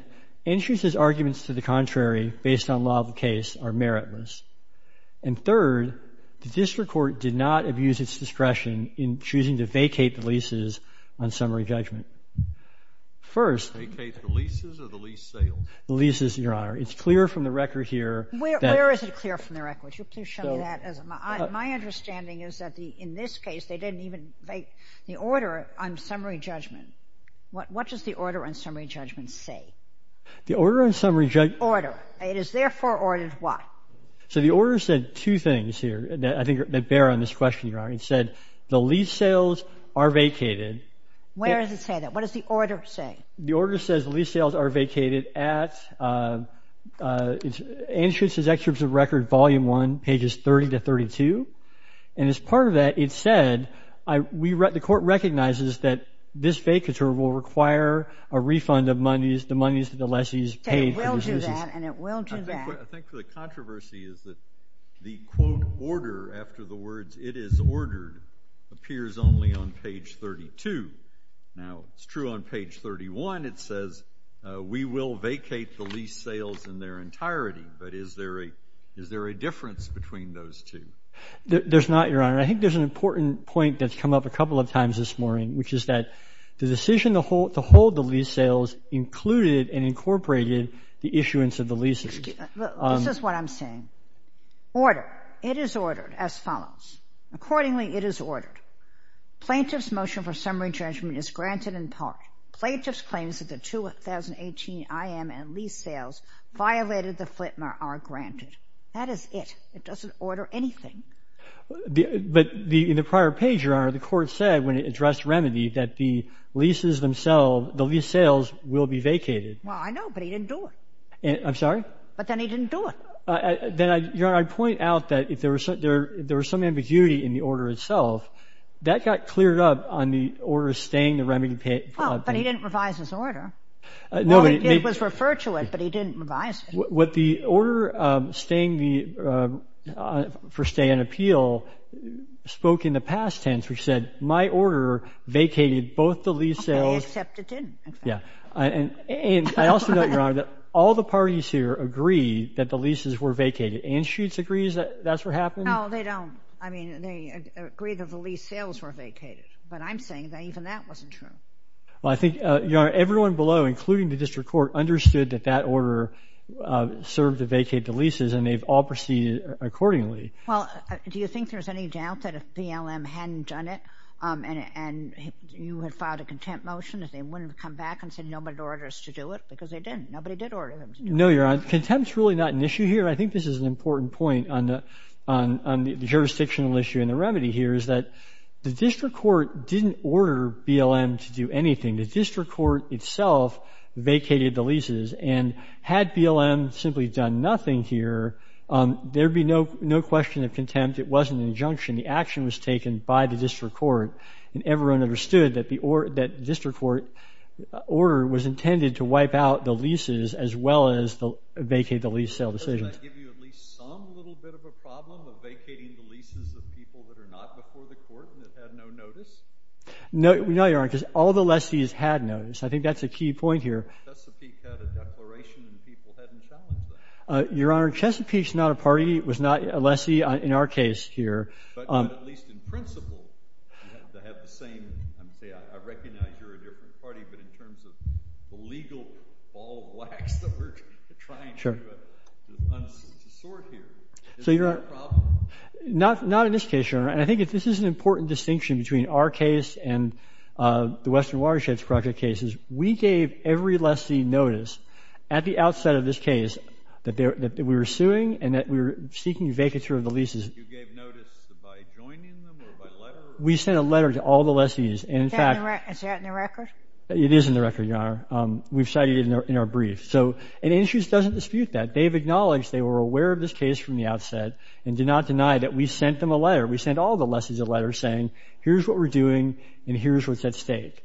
Anschutz's arguments to the contrary, based on law of the case, are meritless. And third, the district court did not abuse its discretion in choosing to vacate the leases on summary judgment. First— Vacate the leases or the lease sale? The leases, Your Honor. It's clear from the record here— Where is it clear from the record? Could you show me that? My understanding is that in this case, they didn't even make the order on summary judgment. What does the order on summary judgment say? The order on summary judgment— Order. It is therefore ordered what? So the order said two things here that I think bear on this question, It said, the lease sales are vacated. Where does it say that? What does the order say? The order says lease sales are vacated at Anschutz's extradition record, volume one, pages 30 to 32. And as part of that, it said, the court recognizes that this vacature will require a refund of monies, the monies that the lessee has paid. It will do that, and it will do that. I think the controversy is that the, quote, order after the words, it is ordered, appears only on page 32. Now, it's true on page 31, it says, we will vacate the lease sales in their entirety. But is there a difference between those two? There's not, Your Honor. I think there's an important point that's come up a couple of times this morning, which is that the decision to hold the lease sales included and incorporated the issuance of the leases. This is what I'm saying. Order. It is ordered as follows. Accordingly, it is ordered. Plaintiff's motion for summary judgment is granted in part. Plaintiff's claims of the 2018 IM and lease sales violated the Flitner are granted. That is it. It doesn't order anything. But in the prior page, Your Honor, the court said, when it addressed remedy, that the leases themselves, the lease sales will be vacated. Well, I know, but he didn't do it. I'm sorry? But then he didn't do it. Then, Your Honor, I'd point out that there was some ambiguity in the order itself. That got cleared up on the order staying the remedy payment. Oh, but he didn't revise his order. Well, it was referred to it, but he didn't revise it. What the order for stay in appeal spoke in the past tense, which said my order vacated both the lease sales. They accepted it. Yeah. And I also note, Your Honor, that all the parties here agree that the leases were vacated. Anschutz agrees that that's what happened? No, they don't. I mean, they agree that the lease sales were vacated. But I'm saying that even that wasn't true. Well, I think, Your Honor, everyone below, including the district court, understood that that order served to vacate the leases, and they've all proceeded accordingly. Well, do you think there's any doubt that if BLM hadn't done it and you had filed a contempt motion, that they wouldn't have come back and said nobody orders to do it? Because they didn't. Nobody did order them to do it. No, Your Honor. Contempt's really not an issue here. I think this is an important point on the jurisdictional issue in the remedy here, is that the district court didn't order BLM to do anything. The district court itself vacated the leases, and had BLM simply done nothing here, there'd be no question of contempt. It wasn't an injunction. The action was taken by the district court, and everyone understood that the district court order was intended to wipe out the leases as well as vacate the lease sale decision. Does that give you at least some little bit of a problem of vacating the leases of people that are not before the court and have had no notice? No, Your Honor, because all the lessees had notice. I think that's a key point here. Chesapeake had a declaration that people hadn't challenged that. Your Honor, Chesapeake's not a party. It was not a lessee in our case here. But at least in principle, they have the same, I recognize you're a different party, but in terms of the legal ball of wax that we're trying to sort here. Is that a problem? Not in this case, Your Honor. And I think this is an important distinction between our case and the Western Watershed Project cases. We gave every lessee notice at the outset of this case that we were suing and that we were seeking vacature of the leases. You gave notice by joining them or by letter? We sent a letter to all the lessees. Is that in the record? It is in the record, Your Honor. We've cited it in our brief. So it actually doesn't dispute that. They've acknowledged they were aware of this case from the outset and did not deny that we sent them a letter. We sent all the lessees a letter saying, here's what we're doing and here's what's at stake.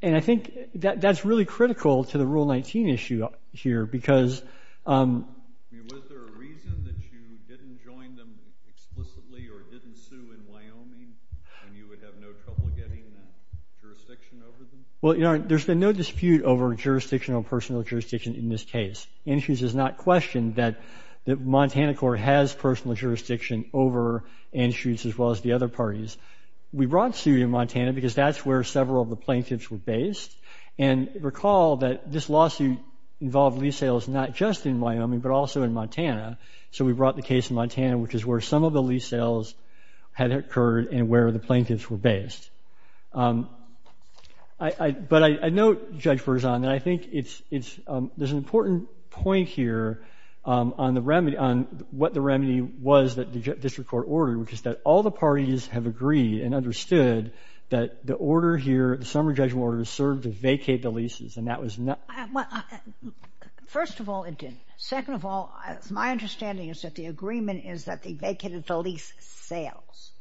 And I think that that's really critical to the Rule 19 issue here because Was there a reason that you didn't join them explicitly or didn't sue in Wyoming and you would have no trouble getting jurisdiction over them? Well, Your Honor, there's been no dispute over jurisdiction or personal jurisdiction in this case. Andrews has not questioned that the Montana court has personal jurisdiction over Andrews as well as the other parties. We brought the suit in Montana because that's where several of the plaintiffs were based. And recall that this lawsuit involved lease sales not just in Wyoming but also in Montana. So we brought the case in Montana, which is where some of the lease sales had occurred and where the plaintiffs were based. But I note, Judge Berzahn, that I think there's an important point here on the remedy, on what the remedy was that the district court ordered, which is that all the parties have agreed and understood that the order here, the summary judgment order, served to vacate the leases and that was not... First of all, it didn't. Second of all, my understanding is that the agreement is that they vacated the lease sales.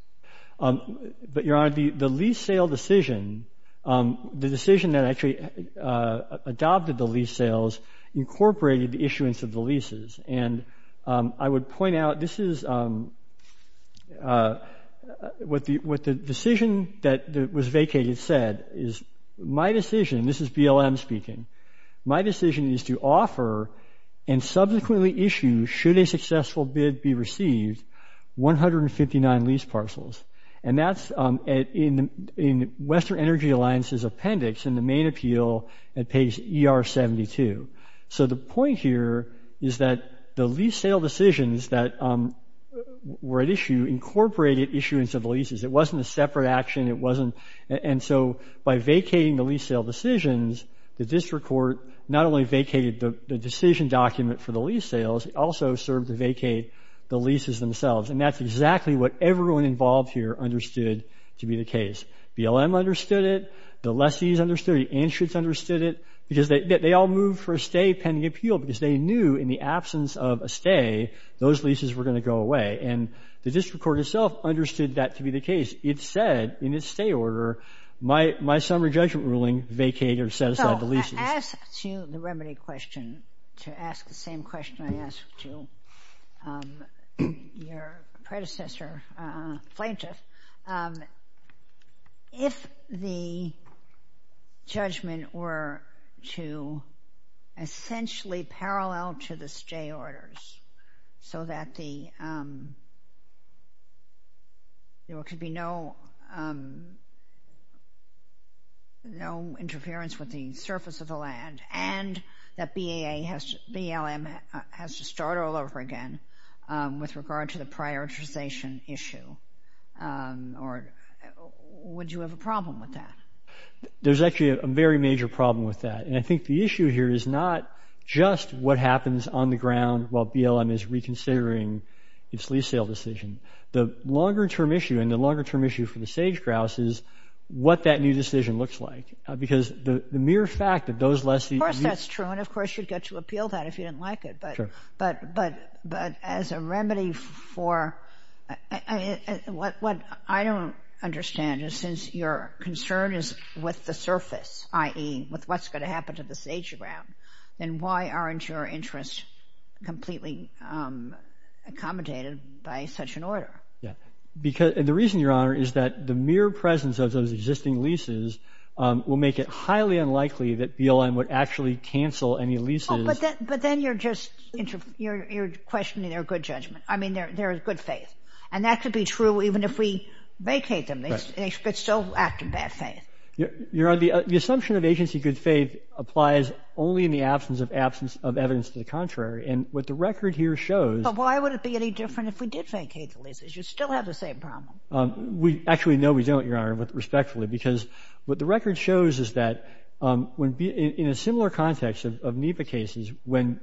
But, Your Honor, the lease sale decision, the decision that actually adopted the lease sales incorporated the issuance of the leases. And I would point out, this is... What the decision that was vacated said is, my decision, this is BLM speaking, my decision is to offer and subsequently issue, should a successful bid be received, 159 lease parcels. And that's in Western Energy Alliance's appendix in the main appeal at page ER72. So the point here is that the lease sale decisions that were at issue incorporated issuance of leases. It wasn't a separate action, it wasn't... And so by vacating the lease sale decisions, the district court not only vacated the decision document for the lease sales, it also served to vacate the leases themselves. And that's exactly what everyone involved here understood to be the case. BLM understood it, the lessees understood it, the insurance understood it, because they all moved for a stay pending appeal because they knew in the absence of a stay, those leases were going to go away. And the district court itself understood that to be the case. It said in its stay order, my summary judgment ruling vacated or satisfied the leases. I asked you the remedy question to ask the same question I asked you, your predecessor plaintiff. If the judgment were to essentially parallel to the stay orders, so that there could be no interference with the surface of the land, and that BLM has to start all over again with regard to the prioritization issue, would you have a problem with that? There's actually a very major problem with that. And I think the issue here is not just what happens on the ground while BLM is reconsidering its lease sale decision. The longer term issue, and the longer term issue for the sage-grouse is what that new decision looks like. Of course that's true, and of course you'd get to appeal that if you didn't like it. But as a remedy for... What I don't understand is, since your concern is with the surface, i.e., with what's going to happen to the sage-grouse, then why aren't your interests completely accommodated by such an order? The reason, Your Honor, is that the mere presence of those existing leases will make it highly unlikely that BLM would actually cancel any leases... But then you're just questioning their good judgment. I mean, their good faith. And that could be true even if we vacate them. They could still act in bad faith. Your Honor, the assumption of agency good faith applies only in the absence of evidence to the contrary. And what the record here shows... But why would it be any different if we did vacate the leases? You'd still have the same problem. We actually know we don't, Your Honor, respectfully, because what the record shows is that in a similar context of NEPA cases, when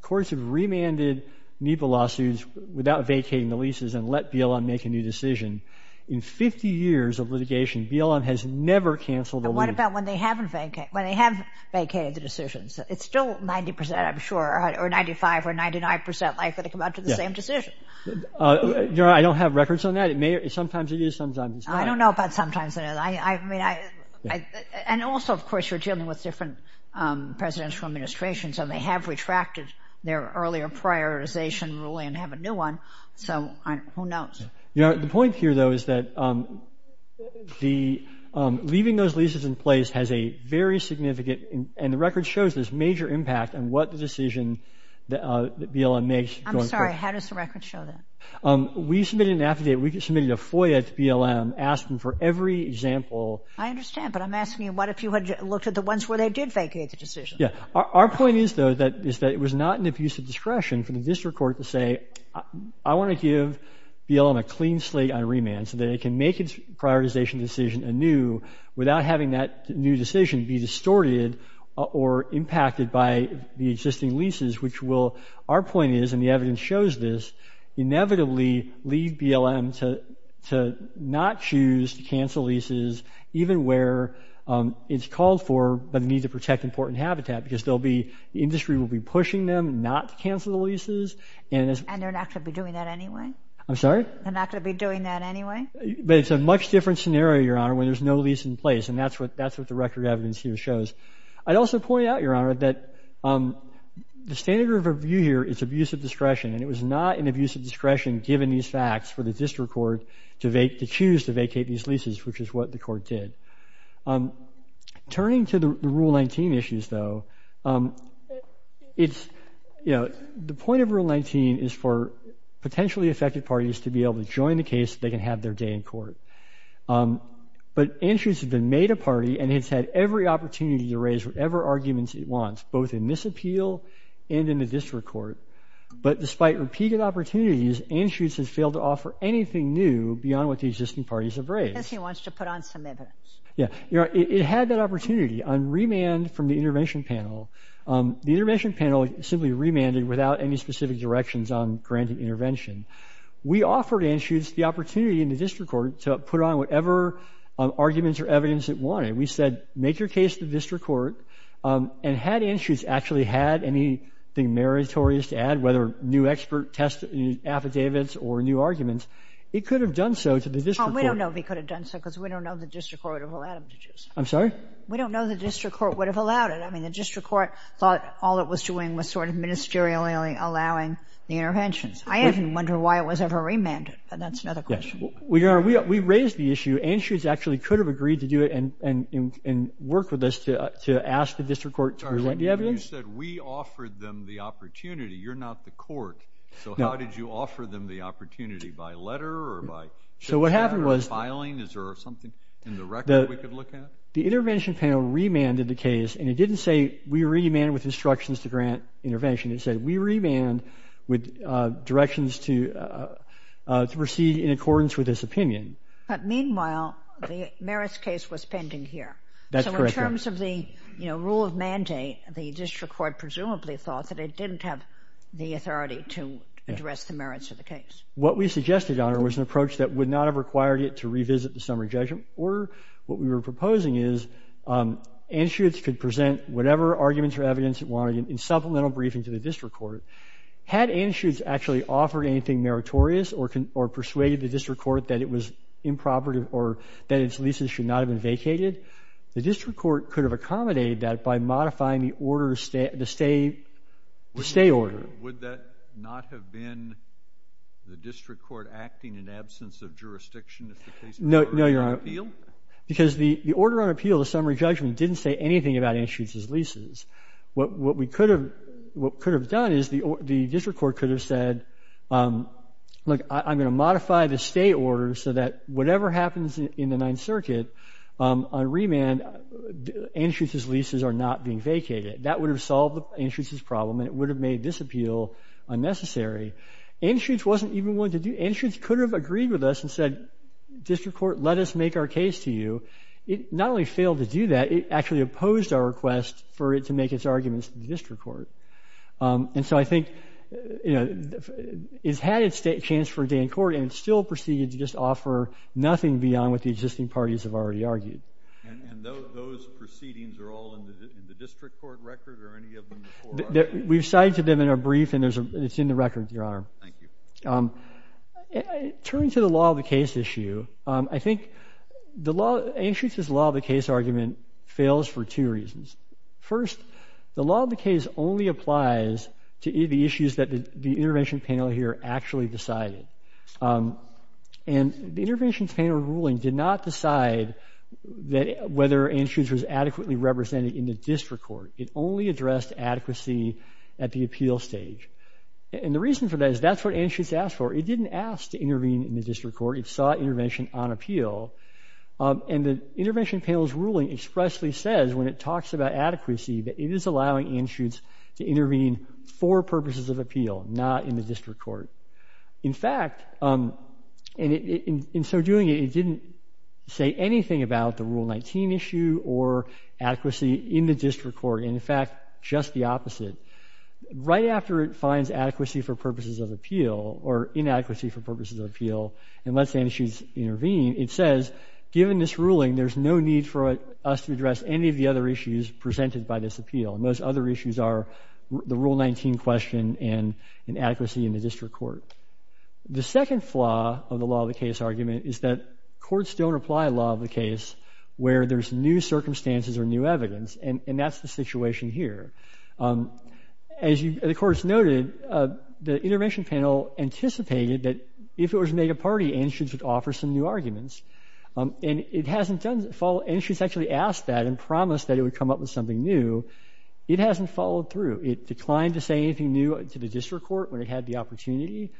courts have remanded NEPA lawsuits without vacating the leases and let BLM make a new decision, in 50 years of litigation, BLM has never canceled a lease. What about when they have vacated the decisions? It's still 90%, I'm sure, or 95% or 99% likely to come up with the same decision. Your Honor, I don't have records on that. Sometimes it is, sometimes it's not. I don't know if that's sometimes it is. And also, of course, you're dealing with different presidential administrations, and they have retracted their earlier prioritization ruling and have a new one, so who knows? Your Honor, the point here, though, is that leaving those leases in place has a very significant... And the record shows this major impact in what the decision that BLM makes... I'm sorry, how does the record show that? We submitted an affidavit, we submitted a FOIA to BLM, asked them for every example... I understand, but I'm asking you, what if you had looked at the ones where they did vacate the decision? Yeah, our point is, though, that it was not an abuse of discretion for the district court to say, I want to give BLM a clean slate on remand so that it can make its prioritization decision anew without having that new decision be distorted or impacted by the existing leases, which will, our point is, and the evidence shows this, inevitably lead BLM to not choose to cancel leases even where it's called for but need to protect important habitat because the industry will be pushing them not to cancel the leases... And they're not going to be doing that anyway? I'm sorry? They're not going to be doing that anyway? But it's a much different scenario, Your Honor, where there's no lease in place, and that's what the record evidence here shows. I'd also point out, Your Honor, that the standard of review here is abuse of discretion, and it was not an abuse of discretion, given these facts, for the district court to choose to vacate these leases, which is what the court did. Turning to the Rule 19 issues, though, it's, you know, the point of Rule 19 is for potentially affected parties to be able to join the case so they can have their day in court. But Andrews has been made a party and he's had every opportunity to raise whatever arguments he wants, both in this appeal and in the district court, but despite repeated opportunities, Anschutz has failed to offer anything new beyond what the existing parties have raised. Because he wants to put on some evidence. Yeah. You know, it had that opportunity on remand from the intervention panel. The intervention panel simply remanded without any specific directions on granting intervention. We offered Anschutz the opportunity in the district court to put on whatever arguments or evidence it wanted. We said, make your case to the district court, and had Anschutz actually had anything meritorious to add, whether new expert test affidavits or new arguments, he could have done so to the district court. We don't know if he could have done so because we don't know the district court would have allowed him to do so. I'm sorry? We don't know the district court would have allowed it. I mean, the district court thought all it was doing was sort of ministerially allowing the interventions. I even wonder why it was ever remanded, but that's another question. We raised the issue. Anschutz actually could have agreed to do it and worked with us to ask the district court to relent the evidence. You said we offered them the opportunity. You're not the court. So how did you offer them the opportunity? By letter or by filing? Is there something in the record we could look at? The intervention panel remanded the case, and it didn't say we remand with instructions to grant intervention. It said we remand with directions to proceed in accordance with this opinion. But meanwhile, the merits case was pending here. That's correct. In terms of the rule of mandate, the district court presumably thought that it didn't have the authority to address the merits of the case. What we suggested, Your Honor, was an approach that would not have required it to revisit the summary judgment. Or what we were proposing is Anschutz could present whatever arguments or evidence it wanted in supplemental briefing to the district court. Had Anschutz actually offered anything meritorious or persuaded the district court that it was improper or that its leases should not have been vacated, the district court could have accommodated that by modifying the stay order. Would that not have been the district court acting in absence of jurisdiction if the case were on appeal? No, Your Honor. Because the order on appeal, the summary judgment, didn't say anything about Anschutz's leases. What we could have done is the district court could have said, look, I'm going to modify the stay order so that whatever happens in the Ninth Circuit on remand, Anschutz's leases are not being vacated. That would have solved Anschutz's problem and it would have made this appeal unnecessary. Anschutz wasn't even willing to do it. Anschutz could have agreed with us and said, district court, let us make our case to you. It not only failed to do that, it actually opposed our request for it to make its arguments to the district court. And so I think it's had its chance for a day in court and still proceeded to just offer nothing beyond what the existing parties have already argued. And those proceedings are all in the district court record or any of them before? We've cited them in a brief and it's in the record, Your Honor. Thank you. Turning to the law of the case issue, I think the law of the case argument fails for two reasons. First, the law of the case only applies to the issues that the intervention panel here actually decided. And the intervention panel ruling did not decide whether Anschutz was adequately represented in the district court. It only addressed adequacy at the appeal stage. And the reason for that is that's what Anschutz asked for. It didn't ask to intervene in the district court. It sought intervention on appeal. And the intervention panel's ruling expressly says when it talks about adequacy that it is allowing Anschutz to intervene for purposes of appeal, not in the district court. In fact, in so doing, it didn't say anything about the Rule 19 issue or adequacy in the district court. In fact, just the opposite. Right after it finds adequacy for purposes of appeal or inadequacy for purposes of appeal and lets Anschutz intervene, it says, given this ruling, there's no need for us to address any of the other issues presented by this appeal. And those other issues are the Rule 19 question and inadequacy in the district court. The second flaw of the law of the case argument is that courts don't apply law of the case where there's new circumstances or new evidence. And that's the situation here. As the courts noted, the intervention panel anticipated that if it was made a party, Anschutz would offer some new arguments. And it hasn't done that. Anschutz actually asked that and promised that it would come up with something new. It hasn't followed through. It declined to say anything new to the district court when it had the opportunity.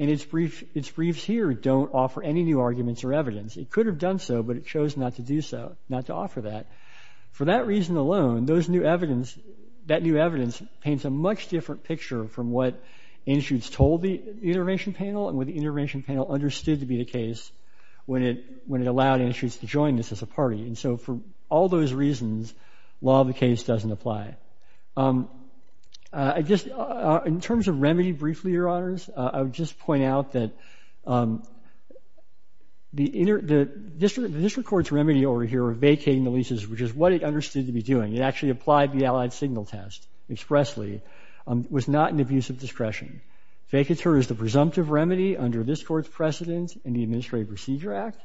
And its briefs here don't offer any new arguments or evidence. It could have done so, but it chose not to do so, not to offer that. For that reason alone, that new evidence paints a much different picture from what Anschutz told the intervention panel and what the intervention panel understood to be the case when it allowed Anschutz to join this as a party. And so for all those reasons, law of the case doesn't apply. In terms of remedy, briefly, your honors, I would just point out that the district court's remedy over here of vacating the leases, which is what it understood to be doing, it actually applied the allied signal test expressly, was not an abuse of discretion. Vacateur is the presumptive remedy under this court's precedent in the Administrative Procedure Act.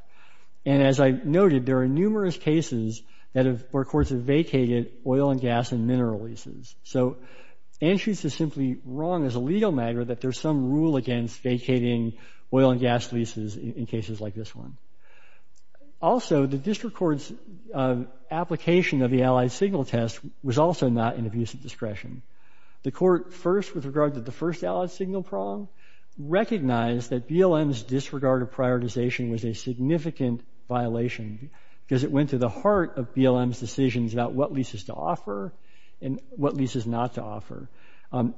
And as I noted, there are numerous cases where courts have vacated oil and gas and mineral leases. So Anschutz is simply wrong as a legal matter that there's some rule against vacating oil and gas leases in cases like this one. Also, the district court's application of the allied signal test was also not an abuse of discretion. The court first, with regard to the first allied signal problem, recognized that BLM's disregard of prioritization was a significant violation because it went to the heart of BLM's decisions about what leases to offer and what leases not to offer.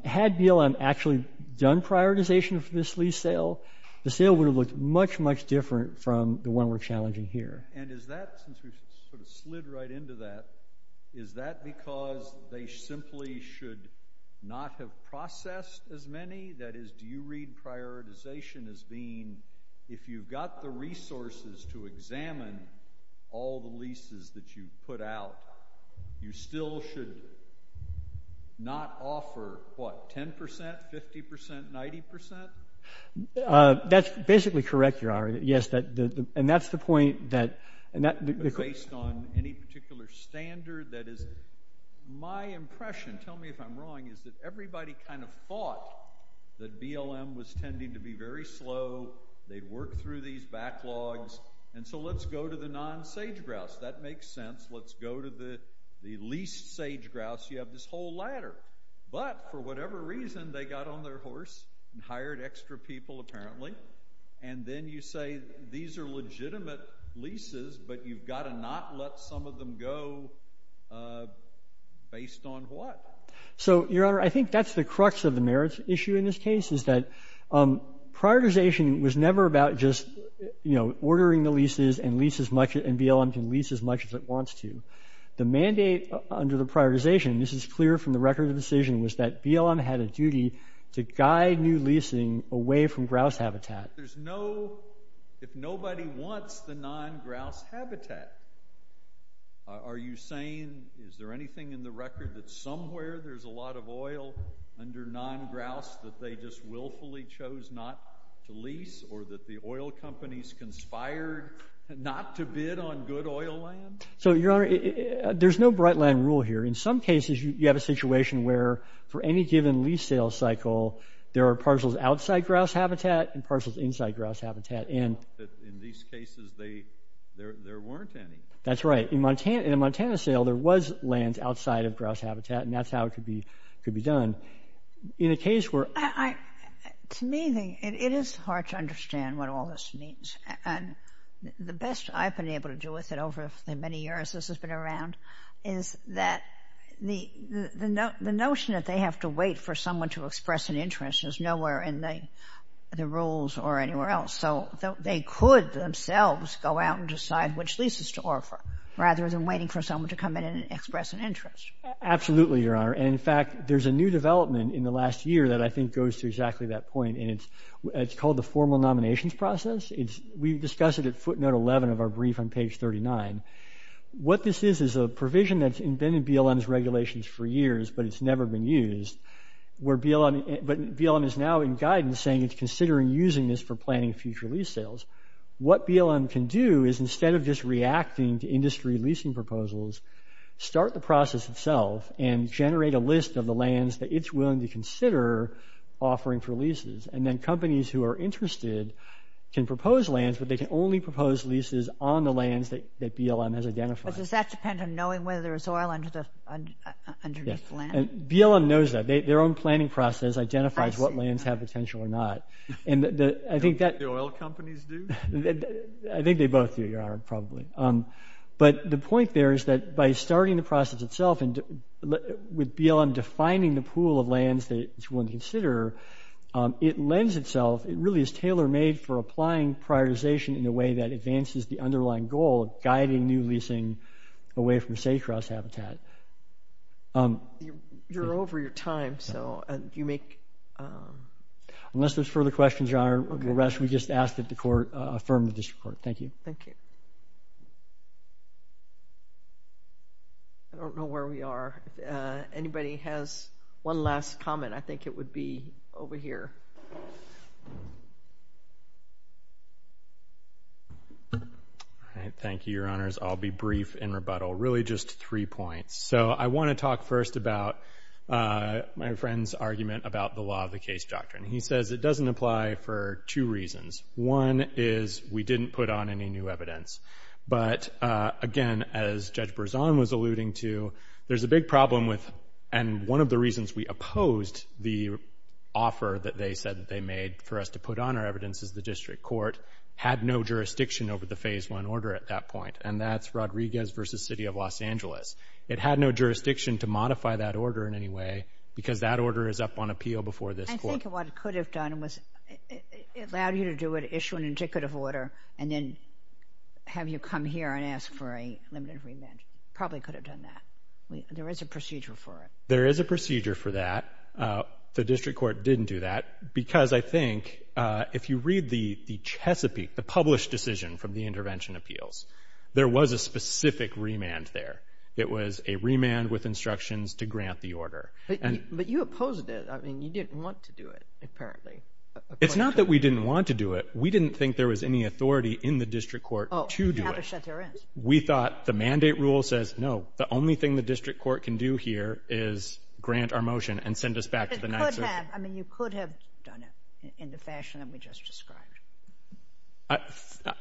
Had BLM actually done prioritization for this lease sale, the sale would have looked much, much different from the one we're challenging here. And is that, since we sort of slid right into that, is that because they simply should not have processed as many? That is, do you read prioritization as being, if you've got the resources to examine all the leases that you've put out, you still should not offer, what, 10%, 50%, 90%? That's basically correct, Your Honor. Yes, and that's the point that the court Based on any particular standard that is, my impression, tell me if I'm wrong, is that everybody kind of thought that BLM was tending to be very slow. They worked through these backlogs. And so let's go to the non-sage grouse. That makes sense. Let's go to the leased sage grouse. You have this whole ladder. But for whatever reason, they got on their horse and hired extra people, apparently. And then you say, these are legitimate leases, but you've got to not let some of them go based on what? So, Your Honor, I think that's the crux of the merits issue in this case, is that prioritization was never about just ordering the leases and BLM to lease as much as it wants to. The mandate under the prioritization, this is clear from the record of the decision, was that BLM had a duty to guide new leasing away from grouse habitat. If nobody wants the non-grouse habitat, are you saying, is there anything in the record that somewhere there's a lot of oil under non-grouse that they just willfully chose not to lease, or that the oil companies conspired not to bid on good oil land? So, Your Honor, there's no bright line rule here. In some cases, you have a situation where, for any given lease sale cycle, there are parcels outside grouse habitat and parcels inside grouse habitat. But in these cases, there weren't any. That's right. In a Montana sale, there was land outside of grouse habitat, and that's how it could be done. In a case where- To me, it is hard to understand what all this means. The best I've been able to do with it over the many years this has been around is that the notion that they have to wait for someone to express an interest is nowhere in the rules or anywhere else. So they could themselves go out and decide which leases to offer, rather than waiting for someone to come in and express an interest. Absolutely, Your Honor. And, in fact, there's a new development in the last year that I think goes to exactly that point, and it's called the formal nominations process. We've discussed it at footnote 11 of our brief on page 39. What this is is a provision that's been in BLM's regulations for years, but it's never been used. But BLM is now in guidance saying it's considering using this for planning future lease sales. What BLM can do is, instead of just reacting to industry leasing proposals, start the process itself and generate a list of the lands that it's willing to consider offering for leases. And then companies who are interested can propose lands, but they can only propose leases on the lands that BLM has identified. But does that depend on knowing whether there's oil under this land? BLM knows that. Their own planning process identifies what lands have potential or not. The oil companies do? I think they both do, probably. But the point there is that by starting the process itself, and with BLM defining the pool of lands that it's willing to consider, it lends itself. It really is tailor-made for applying prioritization in a way that advances the underlying goal of guiding new leasing away from safe grass habitat. You're over your time, so you make. Unless there's further questions, Your Honor, we'll rest. We just asked that the court affirm this report. Thank you. Thank you. I don't know where we are. Anybody has one last comment? I think it would be over here. All right. Thank you, Your Honors. I'll be brief in rebuttal. Really just three points. So I want to talk first about my friend's argument about the law of the case doctrine. He says it doesn't apply for two reasons. One is we didn't put on any new evidence. But again, as Judge Berzon was alluding to, there's a big problem with, and one of the reasons we opposed the offer that they said that they made for us to put on our evidence is the district court had no jurisdiction over the phase one order at that point. And that's Rodriguez v. City of Los Angeles. It had no jurisdiction to modify that order in any way because that order is up on appeal before this court. I think what it could have done was allow you to do it, issue an indicative order, and then have you come here and ask for a limited remand. Probably could have done that. There is a procedure for it. There is a procedure for that. The district court didn't do that because I think if you read the Chesapeake, the published decision from the intervention appeals, there was a specific remand there. It was a remand with instructions to grant the order. But you opposed it. I mean, you didn't want to do it, apparently. It's not that we didn't want to do it. We didn't think there was any authority in the district court to do it. We thought the mandate rule says, no, the only thing the district court can do here is grant our motion and send us back to the national court. I mean, you could have done it in the fashion that we just described.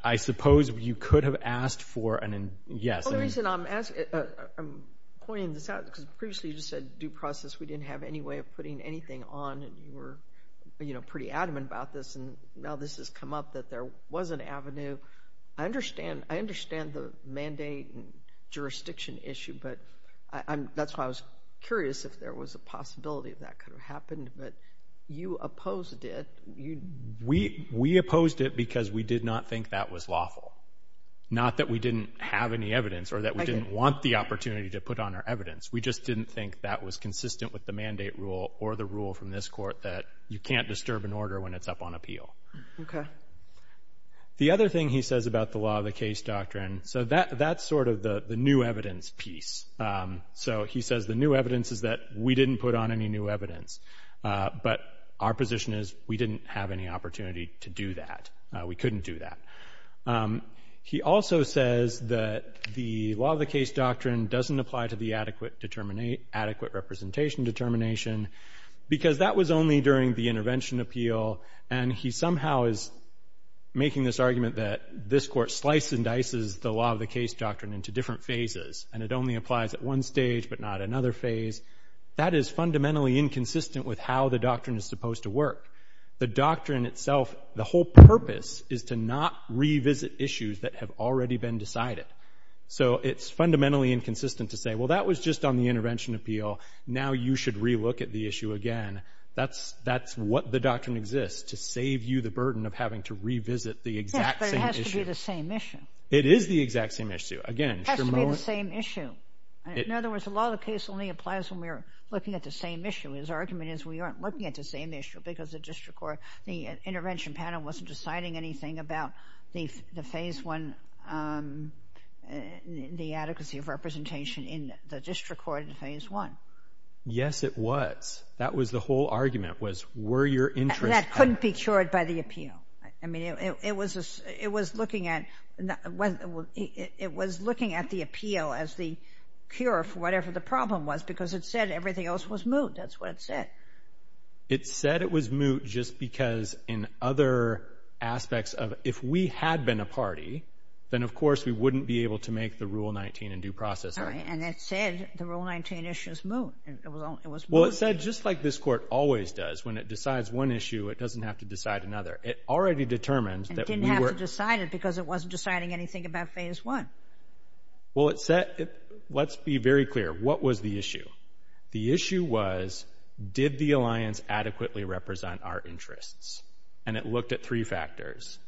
I suppose you could have asked for an, yes. I'm pointing this out because previously you said due process. We didn't have any way of putting anything on. And we were pretty adamant about this. And now this has come up that there was an avenue. I understand the mandate and jurisdiction issue. But that's why I was curious if there was a possibility that could have happened. But you opposed it. We opposed it because we did not think that was lawful. Not that we didn't have any evidence or that we didn't want the opportunity to put on our evidence. We just didn't think that was consistent with the mandate rule or the rule from this court that you can't disturb an order when it's up on appeal. The other thing he says about the law of the case doctrine, so that's sort of the new evidence piece. So he says the new evidence is that we didn't put on any new evidence. But our position is we didn't have any opportunity to do that. We couldn't do that. He also says that the law of the case doctrine doesn't apply to the adequate representation determination because that was only during the intervention appeal. And he somehow is making this argument that this court slices and dices the law of the case doctrine into different phases. And it only applies at one stage, but not another phase. That is fundamentally inconsistent with how the doctrine is supposed to work. The doctrine itself, the whole purpose is to not revisit issues that have already been decided. So it's fundamentally inconsistent to say, well, that was just on the intervention appeal. Now you should re-look at the issue again. That's what the doctrine exists, to save you the burden of having to revisit the exact same issue. Yes, but it has to be the same issue. It is the exact same issue. It has to be the same issue. In other words, the law of the case only applies when we're looking at the same issue. His argument is we aren't looking at the same issue because the intervention panel wasn't deciding anything about the phase one, the adequacy of representation in the district court in phase one. Yes, it was. That was the whole argument, was were your interests That couldn't be cured by the appeal. I mean, it was looking at the appeal as the cure for whatever the problem was, because it said everything else was moot. That's what it said. It said it was moot just because in other aspects of if we had been a party, then of course we wouldn't be able to make the Rule 19 in due process. And it said the Rule 19 issue is moot. Well, it said just like this court always does, when it decides one issue, it doesn't have to decide another. It already determines that we were... It didn't have to decide it because it wasn't deciding anything about phase one. Well, let's be very clear. What was the issue? The issue was did the alliance adequately represent our interests? And it looked at three factors.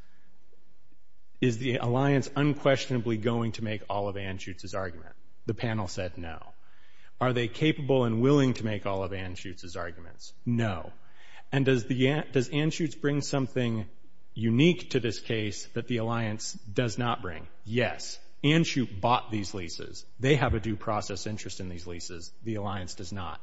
Is the alliance unquestionably going to make all of Anschutz's arguments? The panel said no. Are they capable and willing to make all of Anschutz's arguments? No. And does Anschutz bring something unique to this case that the alliance does not bring? Yes. Anschutz bought these leases. They have a due process interest in these leases. The alliance does not.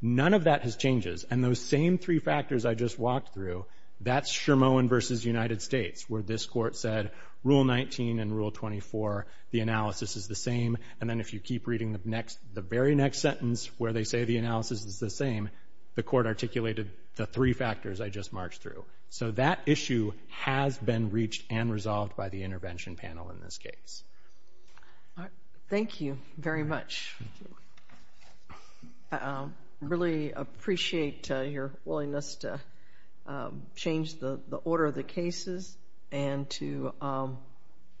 None of that has changed. And those same three factors I just walked through, that's Shermoin versus United States, where this court said Rule 19 and Rule 24, the analysis is the same. And then if you keep reading the very next sentence where they say the analysis is the same, the court articulated the three factors I just marched through. So that issue has been reached and resolved by the intervention panel in this case. Thank you very much. I really appreciate your willingness to change the order of the cases and to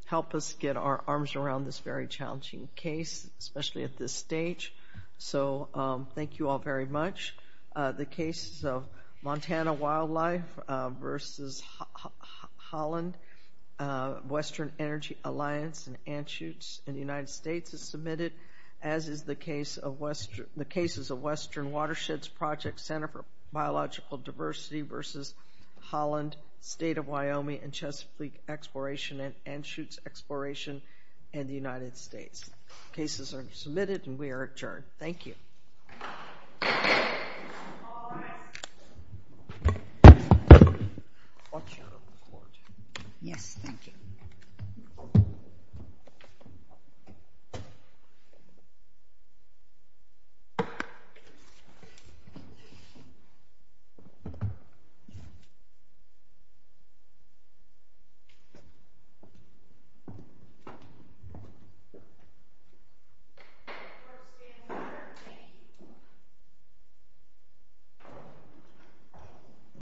help us get our arms around this very challenging case, especially at this stage. So thank you all very much. The cases of Montana Wildlife versus Holland, Western Energy Alliance and Anschutz in the United States are submitted as is the case of Western Watersheds Project Center for Biological Diversity versus Holland, State of Wyoming and Chesapeake Exploration and Anschutz Exploration in the United States. Cases are submitted and we are adjourned. Thank you. Thank you. Thank you.